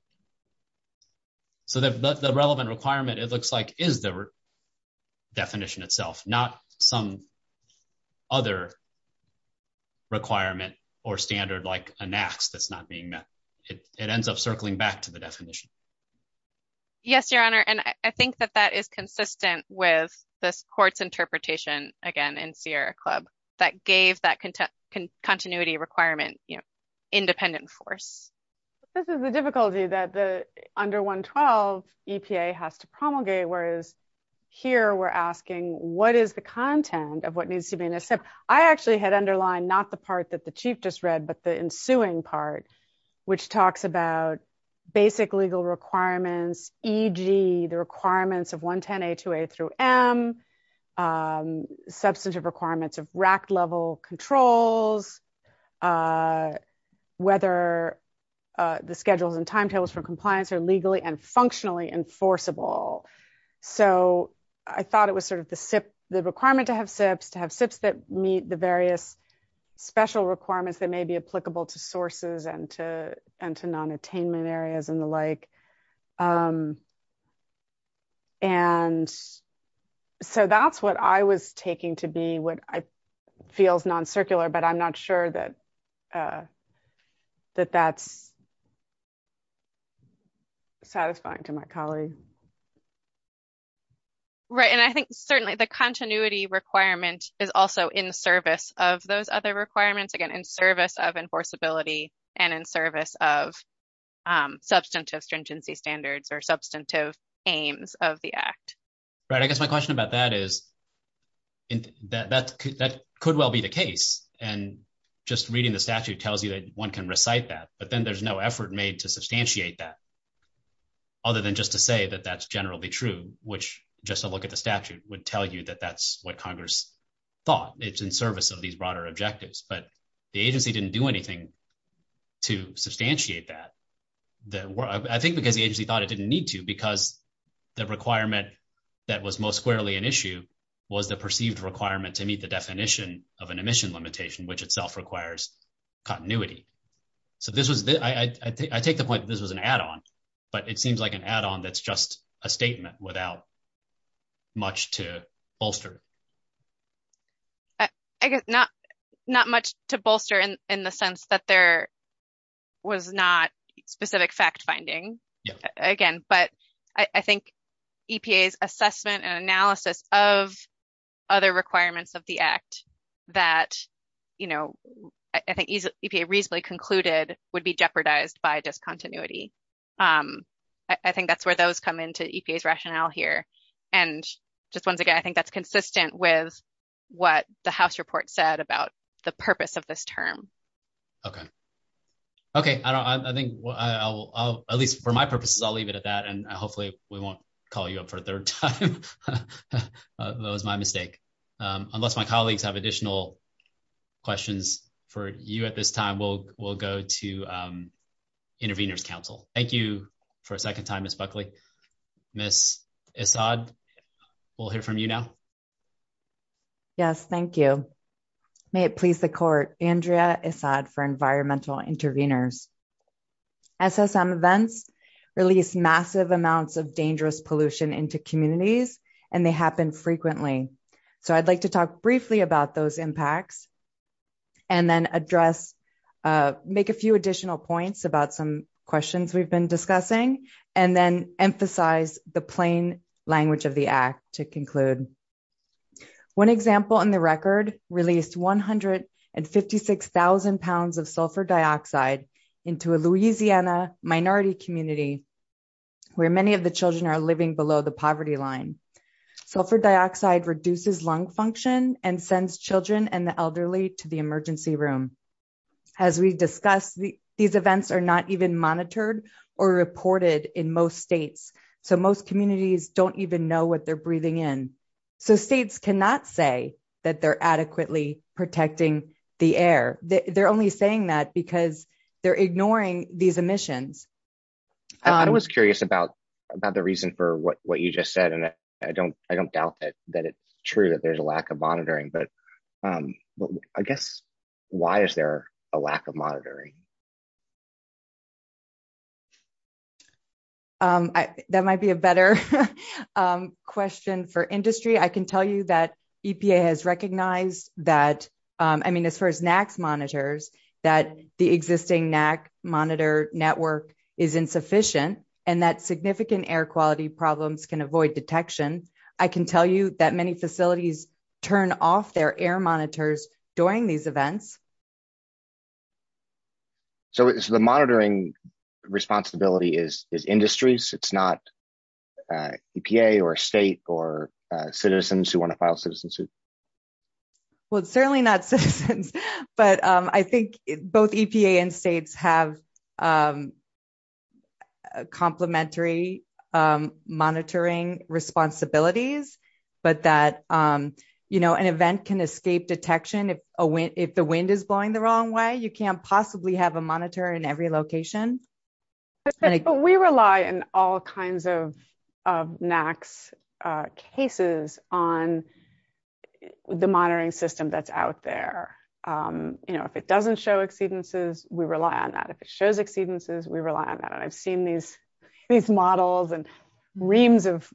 So, the relevant requirement, it looks like, is the definition itself, not some other requirement or standard like a max that's not being met. It ends up circling back to the definition. Yes, Your Honor, and I think that that is consistent with the court's interpretation, again, in Sierra Club, that gave that continuity requirement independent force. This is the difficulty that the under 112 EPA has to promulgate, whereas here we're asking, what is the content of what needs to be in there? I actually had underlined not the part that the Chief just read, but the ensuing part, which talks about basic legal requirements, e.g., the requirements of 110A2A through M, substantive requirements of RAC level controls, whether the schedules and timetables for compliance are legally and functionally enforceable. So, I thought it was sort of the requirement to have SIPs, to have SIPs that meet the various special requirements that may be applicable to sources and to non-attainment areas and the like. And so, that's what I was taking to be what feels non-circular, but I'm not sure that that's satisfying to my colleagues. Right, and I think, certainly, the continuity requirement is also in service of those other requirements, again, in service of enforceability and in service of substantive stringency standards or substantive aims of the Act. Right, I guess my question about that is, that could well be the case, and just reading the statute tells you that one can recite that, but then there's no effort made to substantiate that, other than just to say that that's generally true, which, just to look at the statute, would tell you that that's what Congress thought. It's in service of these broader objectives, but the agency didn't do anything to substantiate that. I think because the agency thought it didn't need to, because the requirement that was most clearly an issue was the perceived requirement to meet the definition of an emission limitation, which itself requires continuity. So, I take the point that this was an add-on, but it seems like an add-on that's just a statement without much to bolster. I guess not much to bolster in the sense that there was not specific fact-finding, again, but I think EPA's assessment and analysis of other requirements of the Act that, you know, I think EPA reasonably concluded would be jeopardized by discontinuity. I think that's where those come into EPA's rationale here, and just, once again, I think that's consistent with what the House report said about the purpose of this term. Okay. Okay, I think I'll, at least for my purposes, I'll leave it at that, and hopefully we won't call you up for a third time. That was my mistake. Unless my colleagues have additional questions for you at this time, we'll go to Intervenors Council. Thank you for a second time, Ms. Buckley. Ms. Issaad, we'll hear from you now. Yes, thank you. May it please the Court, Andrea Issaad for Environmental Intervenors. SSM events release massive amounts of dangerous pollution into communities, and they happen frequently. So, I'd like to talk briefly about those impacts and then address, make a few additional points about some questions we've been discussing, and then emphasize the plain language of the Act to conclude. One example in the record released 156,000 pounds of sulfur dioxide into a Louisiana minority community where many of the children are living below the poverty line. Sulfur dioxide reduces lung function and sends children and the elderly to the emergency room. As we discussed, these events are not even monitored or reported in most states, so most communities don't even know what they're breathing in. So, states cannot say that they're adequately protecting the air. They're only saying that because they're ignoring these emissions. I was curious about the reason for what you just said, and I don't doubt that it's true that there's a lack of monitoring, but I guess, why is there a lack of monitoring? That might be a better question for industry. I can tell you that EPA has recognized that, I mean, as far as NACS monitors, that the existing NACS monitor network is insufficient and that significant air quality problems can avoid detection. I can tell you that many facilities turn off their air monitors during these events. So, the monitoring responsibility is industry's? It's not EPA or state or citizens who want to file a citizen suit? Well, it's certainly not citizens, but I think both EPA and states have complementary monitoring responsibilities, but that an event can escape detection if the wind is blowing the wrong way. You can't possibly have a monitor in every location. We rely on all kinds of NACS cases on the monitoring system that's out there. If it doesn't show exceedances, we rely on that. If it shows exceedances, we rely on that. I've seen these models and reams of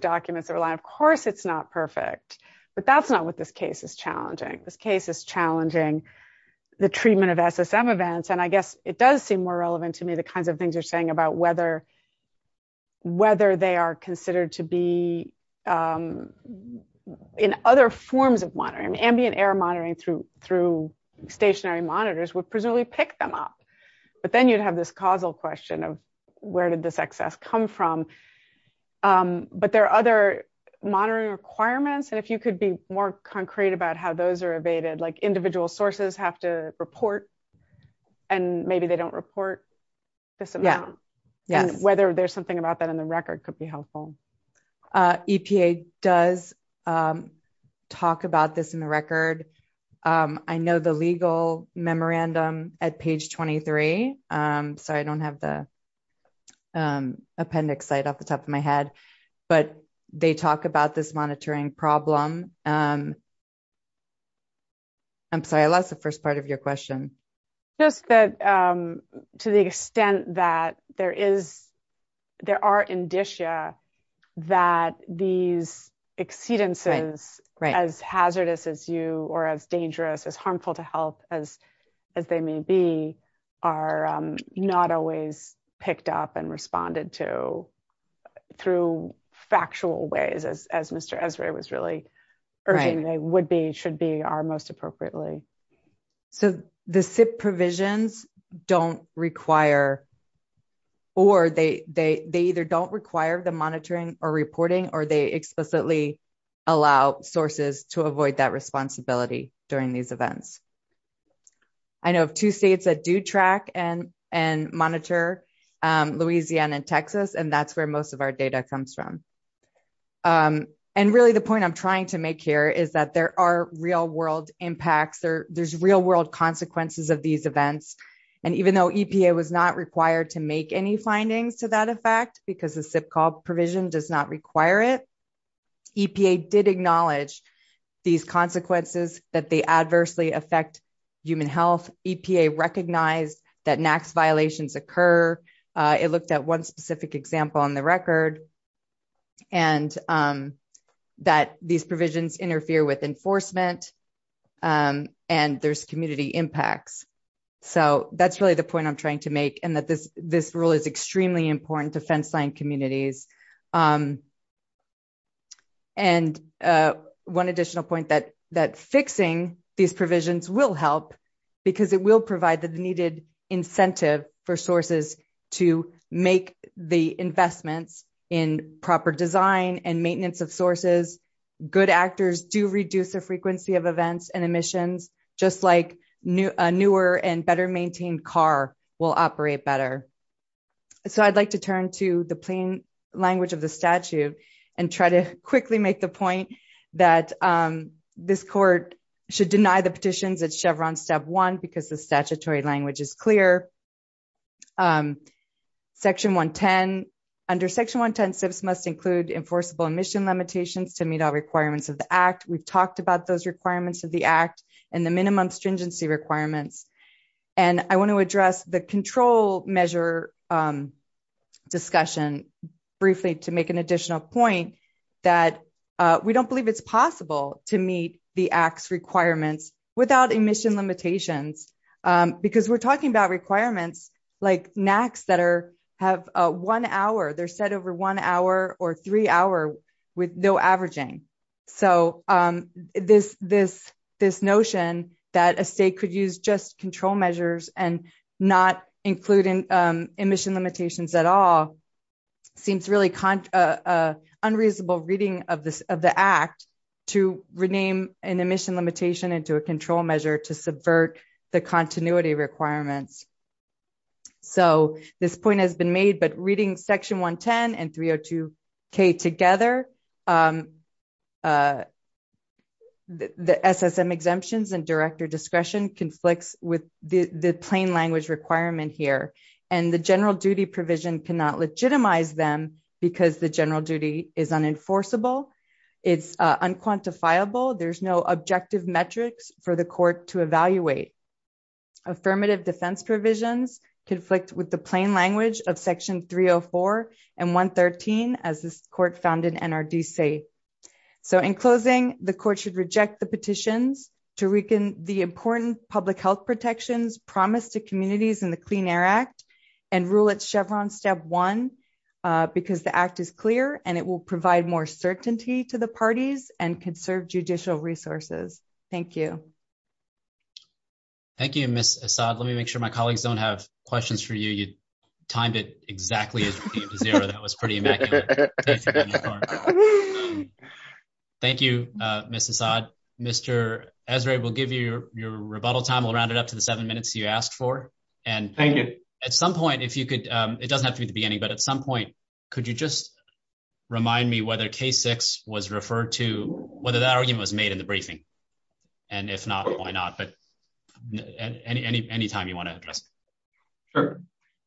documents that are lying. Of course, it's not perfect, but that's not what this case is challenging. This case is challenging the treatment of SSM events, and I guess it does seem more relevant to me the kinds of things you're saying about whether they are considered to be in other forms of monitoring. Ambient air monitoring through stationary monitors would presumably pick them up, but then you'd have this causal question of where did this excess come from? But there are other monitoring requirements, and if you could be more concrete about how those are evaded, like individual sources have to report, and maybe they don't report this amount, and whether there's something about that in the record could be helpful. EPA does talk about this in the record. I know the legal memorandum at page 23. Sorry, I don't have the appendix slide off the top of my head, but they talk about this monitoring problem. I'm sorry, I lost the first part of your question. To the extent that there are indicia that these exceedances, as hazardous as you or as dangerous, as harmful to health as they may be, are not always picked up and responded to through factual ways, as Mr. Esrae was really urging they would be, should be, or most appropriately. So the SIP provisions don't require, or they either don't require the monitoring or reporting, or they explicitly allow sources to avoid that responsibility during these events. I know of two states that do track and monitor, Louisiana and Texas, and that's where most of our data comes from. Really, the point I'm trying to make here is that there are real-world impacts, or there's real-world consequences of these events. Even though EPA was not required to make any findings to that effect, because the SIP call provision does not require it, EPA did acknowledge these consequences, that they adversely affect human health. EPA recognized that NAAQS violations occur. It looked at one specific example on the record. And that these provisions interfere with enforcement, and there's community impacts. So that's really the point I'm trying to make, and that this rule is extremely important to fenceline communities. And one additional point, that fixing these provisions will help, because it will provide the needed incentive for sources to make the investment in proper design and maintenance of sources. Good actors do reduce the frequency of events and emissions, just like a newer and better maintained car will operate better. So I'd like to turn to the plain language of the statute and try to quickly make the point that this court should deny the petitions at Chevron Step 1, because the statutory language is clear. Section 110, under Section 110, SIPs must include enforceable emission limitations to meet all requirements of the Act. We've talked about those requirements of the Act and the minimum stringency requirements. And I want to address the control measure discussion briefly to make an additional point that we don't believe it's possible to meet the Act's requirements without emission limitations. Because we're talking about requirements like NAAQS that have a one hour, they're set over one hour or three hours with no averaging. So this notion that a state could use just control measures and not include emission limitations at all seems really unreasonable reading of the Act to rename an emission limitation into a control measure to subvert the continuity requirements. So this point has been made, but reading Section 110 and 302K together, the SSM exemptions and director discretion conflicts with the plain language requirement here. And the general duty provision cannot legitimize them because the general duty is unenforceable. It's unquantifiable. There's no objective metrics for the court to evaluate. Affirmative defense provisions conflict with the plain language of Section 304 and 113 as the court found in NRDC. So in closing, the court should reject the petition to weaken the important public health protections promised to communities in the Clean Air Act and rule it Chevron Step 1 because the Act is clear and it will provide more certainty to the parties and conserve judicial resources. Thank you. Thank you. Let me make sure my colleagues don't have questions for you. You timed it exactly. That was pretty. Thank you. Mr. Ezra will give you your rebuttal time will round it up to the 7 minutes you asked for. And at some point, if you could, it doesn't have to be the beginning, but at some point, could you just remind me whether K6 was referred to whether that argument was made in the briefing? And if not, why not? But anytime you want to. Sure.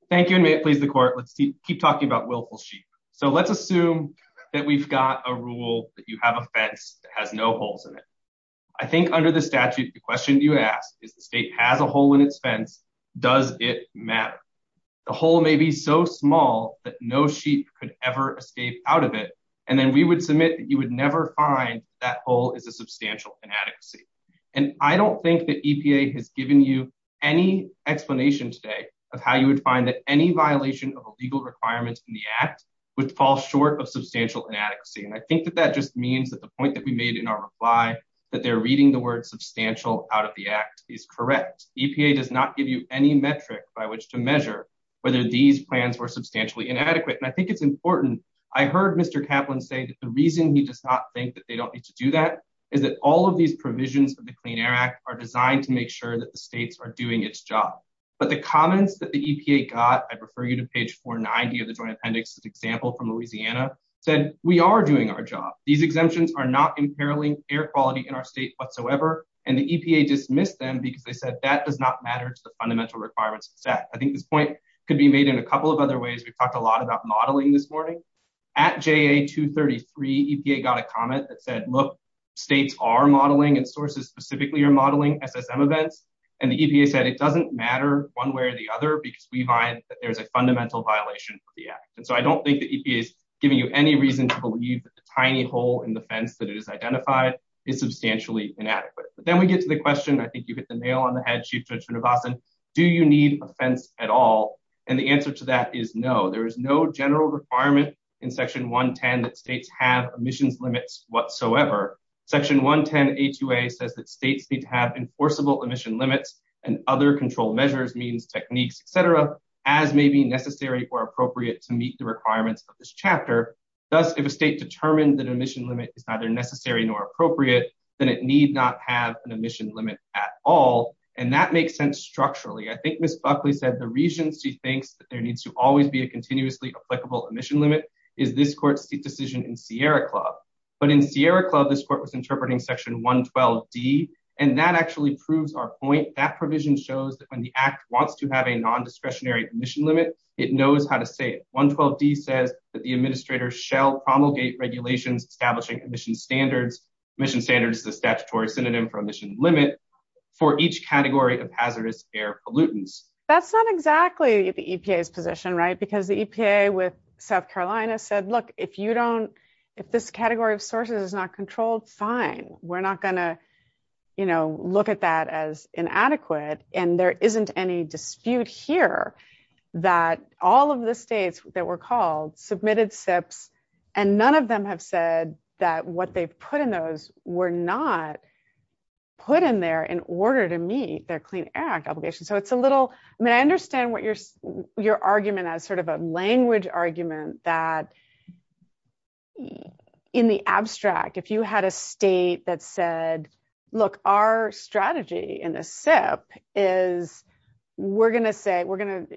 Thank you. And may it please the court. Let's keep talking about willful sheep. So let's assume that we've got a rule that you have a fence that has no holes in it. I think under the statute, the question you ask is the state has a hole in its fence. Does it matter? The hole may be so small that no sheep could ever escape out of it. And then we would submit that you would never find that hole is a substantial inadequacy. And I don't think that EPA has given you any explanation say of how you would find that any violation of legal requirements in the act. Which falls short of substantial inadequacy. And I think that that just means that the point that we made in our reply that they're reading the word substantial out of the act is correct. EPA does not give you any metric by which to measure whether these plans were substantially inadequate. And I think it's important. I heard Mr. Kaplan say that the reason he does not think that they don't need to do that is that all of these provisions of the Clean Air Act are designed to make sure that the states are doing its job. But the comments that the EPA got, I refer you to page 490 of the Joint Appendix, an example from Louisiana, said we are doing our job. These exemptions are not impairing air quality in our state whatsoever. And the EPA dismissed them because they said that does not matter to the fundamental requirements of the act. I think the point could be made in a couple of other ways. We talked a lot about modeling this morning. At JA-233, EPA got a comment that said, look, states are modeling and sources specifically are modeling FSM events. And the EPA said it doesn't matter one way or the other because we find that there's a fundamental violation of the act. And so I don't think the EPA is giving you any reason to believe this tiny hole in the fence that is identified is substantially inadequate. But then we get to the question, I think you hit the nail on the head, Chief Judge Mnugosan, do you need a fence at all? And the answer to that is no. There is no general requirement in Section 110 that states have emissions limits whatsoever. Section 110 AQA says that states need to have enforceable emission limits and other control measures, means, techniques, et cetera, as may be necessary or appropriate to meet the requirements of this chapter. Thus, if a state determines that emission limit is neither necessary nor appropriate, then it need not have an emission limit at all. And that makes sense structurally. I think Ms. Buckley said the reason she thinks that there needs to always be a continuously applicable emission limit is this court's decision in Sierra Club. But in Sierra Club, this court was interpreting Section 112D, and that actually proves our point. That provision shows that when the act wants to have a nondiscretionary emission limit, it knows how to say it. 112D says that the administrator shall promulgate regulations establishing emission standards, emission standards, the statutory synonym for emission limit, for each category of hazardous air pollutants. That's not exactly the EPA's position, right? Because the EPA with South Carolina said, look, if this category of sources is not controlled, fine. We're not going to look at that as inadequate. And there isn't any dispute here that all of the states that were called submitted SIPs, and none of them have said that what they've put in those were not put in there in order to meet their Clean Air Act obligation. I mean, I understand your argument as sort of a language argument that in the abstract, if you had a state that said, look, our strategy in the SIP is we're going to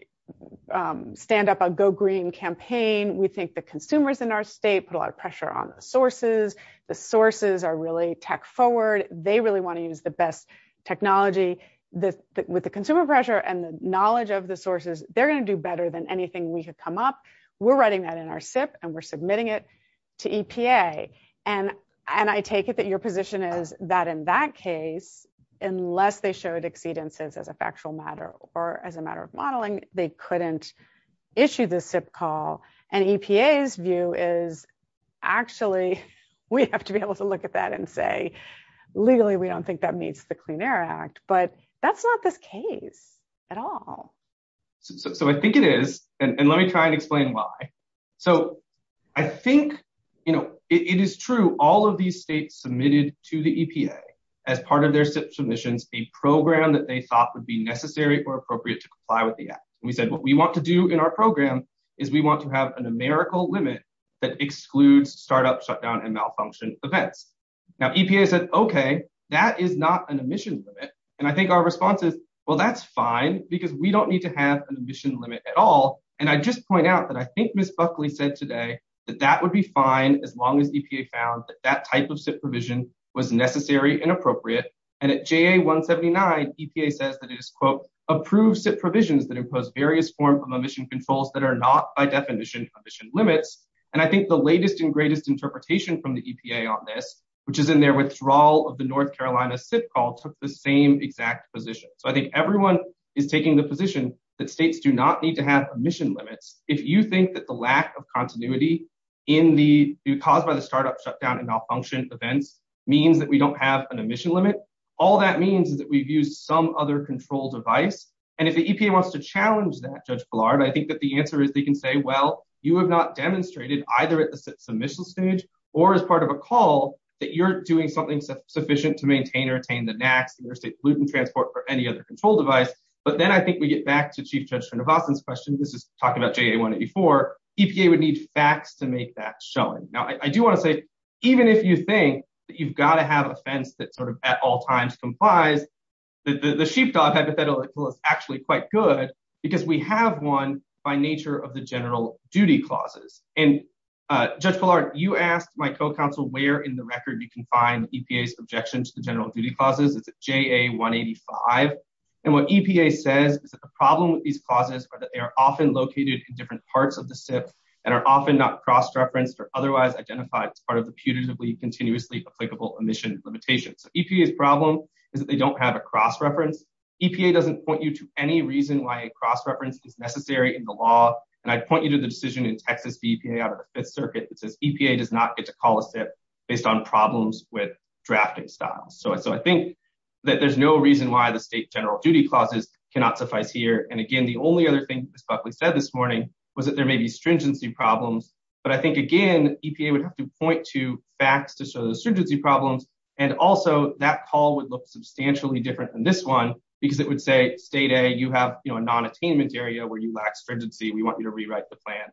stand up a go green campaign. We think the consumers in our state put a lot of pressure on the sources. The sources are really tech forward. They really want to use the best technology with the consumer pressure and the knowledge of the sources. They're going to do better than anything we have come up. We're writing that in our SIP, and we're submitting it to EPA. And I take it that your position is that in that case, unless they showed exceedances as a factual matter or as a matter of modeling, they couldn't issue the SIP call. And EPA's view is, actually, we have to be able to look at that and say, legally, we don't think that meets the Clean Air Act. But that's not the case at all. So I think it is. And let me try and explain why. So I think, you know, it is true, all of these states submitted to the EPA as part of their SIP submissions a program that they thought would be necessary or appropriate to comply with the act. And we said, what we want to do in our program is we want to have an numerical limit that excludes startup shutdown and malfunction events. Now, EPA says, okay, that is not an emission limit. And I think our response is, well, that's fine, because we don't need to have an emission limit at all. And I just point out that I think Ms. Buckley said today that that would be fine as long as EPA found that that type of SIP provision was necessary and appropriate. And at JA 179, EPA says that it is, quote, approved SIP provisions that impose various forms of emission controls that are not, by definition, emission limits. And I think the latest and greatest interpretation from the EPA on this, which is in their withdrawal of the North Carolina SIP call, took the same exact position. So I think everyone is taking the position that states do not need to have emission limits if you think that the lack of continuity in the caused by the startup shutdown and malfunction event means that we don't have an emission limit. All that means is that we've used some other control device. And if the EPA wants to challenge that, Judge Gillard, I think that the answer is they can say, well, you have not demonstrated, either at the submission stage or as part of a call, that you're doing something sufficient to maintain or attain the NAC, the Interstate Pollutant Transport, for any other control device. But then I think we get back to Chief Judge Van De Valken's question, which is talking about JA 184. EPA would need facts to make that shown. Now, I do want to say, even if you think that you've got to have a fence that sort of at all times complies, the sheepdog hypothetical is actually quite good because we have one by nature of the general duty clauses. And Judge Gillard, you asked my co-counsel where in the record you can find EPA's objection to the general duty clauses. It's at JA 185. And what EPA says is that the problem with these clauses are that they are often located in different parts of the SIP and are often not cross-referenced or otherwise identified as part of the punitively continuously applicable emission limitations. EPA's problem is that they don't have a cross-reference. EPA doesn't point you to any reason why cross-reference is necessary in the law. And I point you to the decision in Texas EPA out of the Fifth Circuit that says EPA does not get to call a SIP based on problems with drafting styles. So I think that there's no reason why the state general duty clauses cannot suffice here. And again, the only other thing Ms. Buckley said this morning was that there may be stringency problems. But I think, again, EPA would have to point to facts to show the stringency problems. And also, that call would look substantially different than this one because it would say, state A, you have a non-attainment area where you lack stringency. We want you to rewrite the plan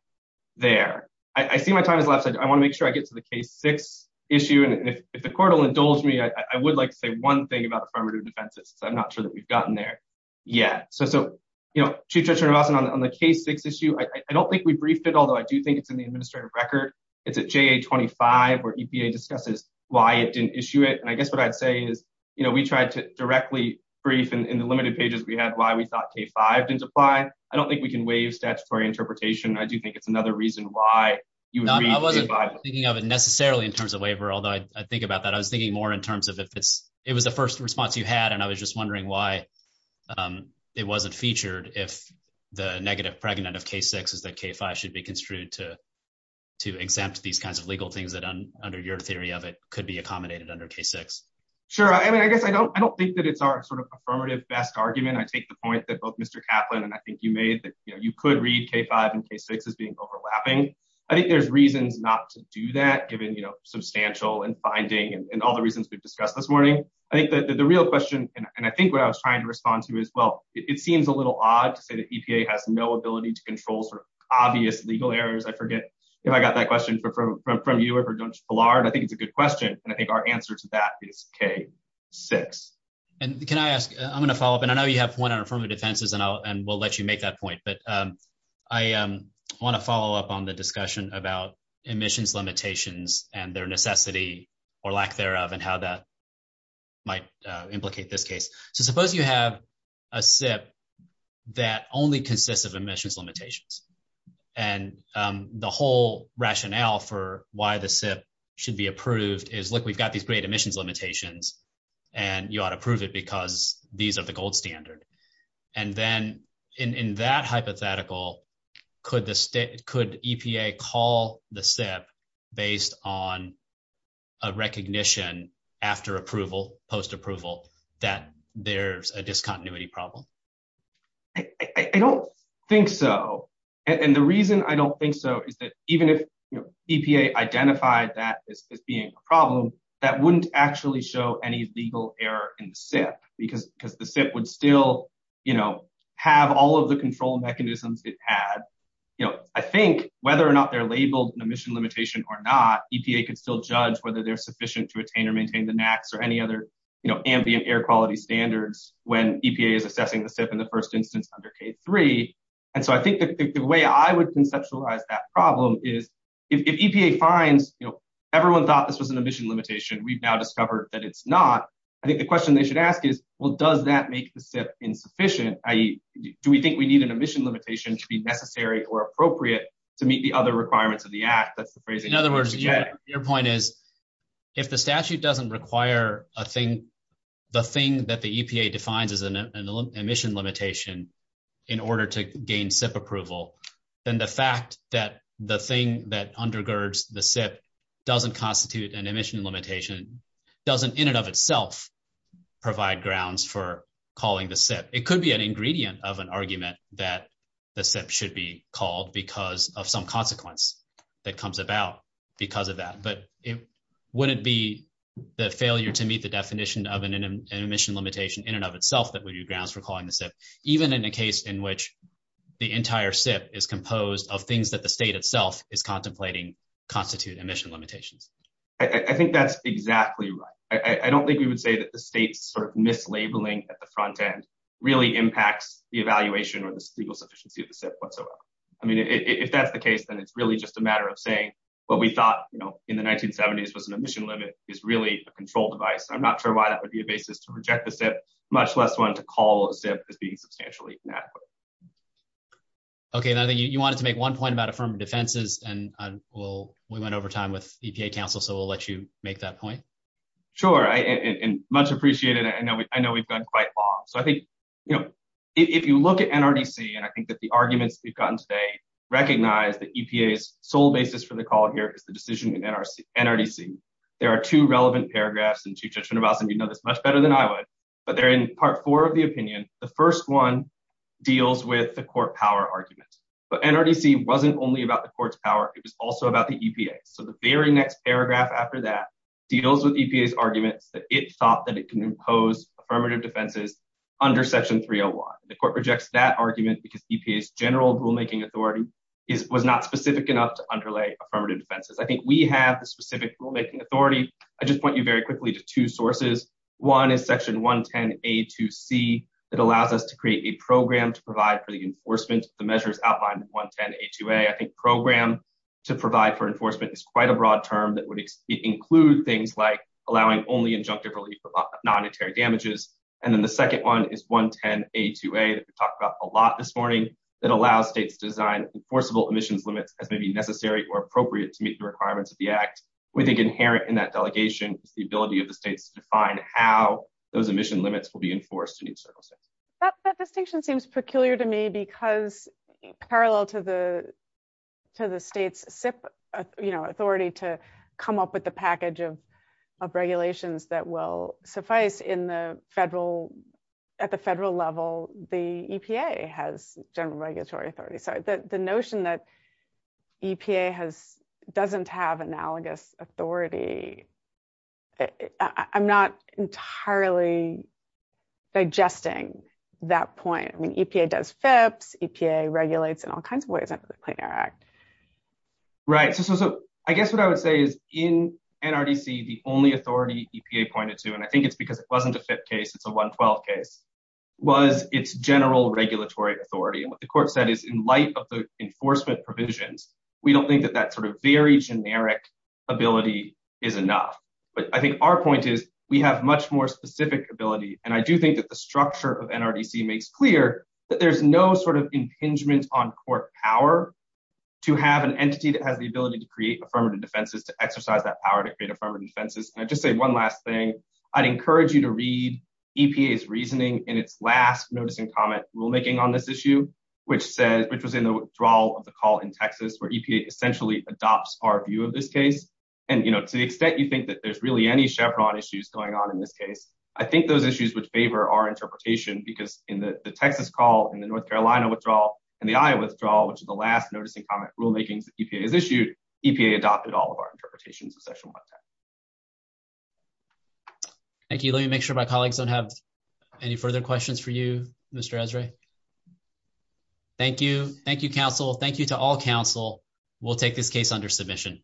there. I see my time has elapsed. I want to make sure I get to the K-6 issue. And if the court will indulge me, I would like to say one thing about affirmative defense. I'm not sure that we've gotten there yet. So, you know, Chief Judge Ranhoff, on the K-6 issue, I don't think we briefed it, although I do think it's in the administrative record. It's at JA-25 where EPA discusses why it didn't issue it. And I guess what I'd say is, you know, we tried to directly brief in the limited pages we had why we thought K-5 didn't apply. I don't think we can waive statutory interpretation. I do think it's another reason why you would brief K-5. I wasn't thinking of it necessarily in terms of waiver, although I think about that. I was thinking more in terms of if it was the first response you had, and I was just wondering why it wasn't featured if the negative fragment of K-6 is that K-5 should be construed to exempt these kinds of legal things that, under your theory of it, could be accommodated under K-6. Sure. I mean, I guess I don't think that it's our sort of affirmative best argument. I take the point that both Mr. Kaplan and I think you made, that you could read K-5 and K-6 as being overlapping. I think there's reason not to do that, given, you know, substantial and binding and all the reasons we've discussed this morning. I think that the real question, and I think what I was trying to respond to as well, it seems a little odd that EPA has no ability to control sort of obvious legal errors. I forget if I got that question from you or from Judge Ballard. I think it's a good question, and I think our answer to that is K-6. Can I ask, I'm going to follow up, and I know you have one on affirmative defenses, and we'll let you make that point, but I want to follow up on the discussion about emissions limitations and their necessity, or lack thereof, and how that might implicate this case. So, suppose you have a SIP that only consists of emissions limitations, and the whole rationale for why the SIP should be approved is, look, we've got these great emissions limitations, and you ought to approve it because these are the gold standard. And then, in that hypothetical, could EPA call the SIP based on a recognition after approval, post-approval, that there's a discontinuity problem? I don't think so, and the reason I don't think so is that even if EPA identified that as being a problem, that wouldn't actually show any legal error in the SIP because the SIP would still have all of the control mechanisms it has. I think whether or not they're labeled an emission limitation or not, EPA could still judge whether they're sufficient to attain or maintain the max or any other ambient air quality standards when EPA is assessing the SIP in the first instance under K-3. And so, I think the way I would conceptualize that problem is, if EPA finds everyone thought this was an emission limitation, we've now discovered that it's not, I think the question they should ask is, well, does that make the SIP insufficient? Do we think we need an emission limitation to be necessary or appropriate to meet the other requirements of the Act? In other words, your point is, if the statute doesn't require the thing that the EPA defines as an emission limitation in order to gain SIP approval, then the fact that the thing that undergirds the SIP doesn't constitute an emission limitation doesn't, in and of itself, provide grounds for calling the SIP. It could be an ingredient of an argument that the SIP should be called because of some consequence that comes about because of that. But would it be the failure to meet the definition of an emission limitation in and of itself that would be grounds for calling the SIP, even in the case in which the entire SIP is composed of things that the state itself is contemplating constitute emission limitations? I think that's exactly right. I don't think we would say that the state sort of mislabeling the content really impacts the evaluation or the legal sufficiency of the SIP whatsoever. I mean, if that's the case, then it's really just a matter of saying what we thought, you know, in the 1970s was an emission limit is really a control device. I'm not sure why that would be a basis to reject the SIP, much less one to call a SIP as being substantially inadequate. Okay, and I think you wanted to make one point about affirmative defenses, and we went over time with EPA counsel, so we'll let you make that point. Sure, and much appreciated. I know we've done quite a lot. So I think, you know, if you look at NRDC, and I think that the arguments we've gotten today recognize that EPA's sole basis for the call here is the decision in NRDC. There are two relevant paragraphs, and Chief Judge Schoonemason, you know this much better than I would, but they're in part four of the opinion. The first one deals with the court power arguments. But NRDC wasn't only about the court's power, it was also about the EPA. So the very next paragraph after that deals with EPA's argument that it thought that it can impose affirmative defenses under Section 301. The court rejects that argument because EPA's general rulemaking authority was not specific enough to underlay affirmative defenses. I think we have a specific rulemaking authority. I just want you very quickly to two sources. One is Section 110A2C that allows us to create a program to provide for the enforcement of the measures outlined in 110A2A. I think program to provide for enforcement is quite a broad term. It would include things like allowing only injunctive relief of non-interior damages. And then the second one is 110A2A that we talked about a lot this morning that allows states to design enforceable emissions limits as may be necessary or appropriate to meet the requirements of the Act. We think inherent in that delegation is the ability of the states to define how those emission limits will be enforced in each circumstance. That delegation seems peculiar to me because parallel to the state's authority to come up with the package of regulations that will suffice at the federal level, the EPA has general regulatory authority. The notion that EPA doesn't have analogous authority, I'm not entirely digesting that point. EPA does FIPS. EPA regulates in all kinds of ways under the Clean Air Act. Right. So I guess what I would say is in NRDC, the only authority EPA pointed to, and I think it's because it wasn't a FIPS case, it's a 112 case, was its general regulatory authority. And what the court said is in light of the enforcement provisions, we don't think that that sort of very generic ability is enough. But I think our point is we have much more specific ability. And I do think that the structure of NRDC makes clear that there's no sort of impingement on court power to have an entity that has the ability to create affirmative defenses, to exercise that power to create affirmative defenses. And I'll just say one last thing. I'd encourage you to read EPA's reasoning in its last noticing comment rulemaking on this issue, which was in the withdrawal of the call in Texas, where EPA essentially adopts our view of this case. And, you know, to the extent you think that there's really any Chevron issues going on in this case, I think those issues would favor our interpretation, because in the Texas call, in the North Carolina withdrawal, and the Iowa withdrawal, which is the last noticing comment rulemaking that EPA has issued, EPA adopted all of our interpretations, especially on that. Thank you. Let me make sure my colleagues don't have any further questions for you, Mr. Esrae. Thank you. Thank you, counsel. Thank you to all counsel. We'll take this case under submission.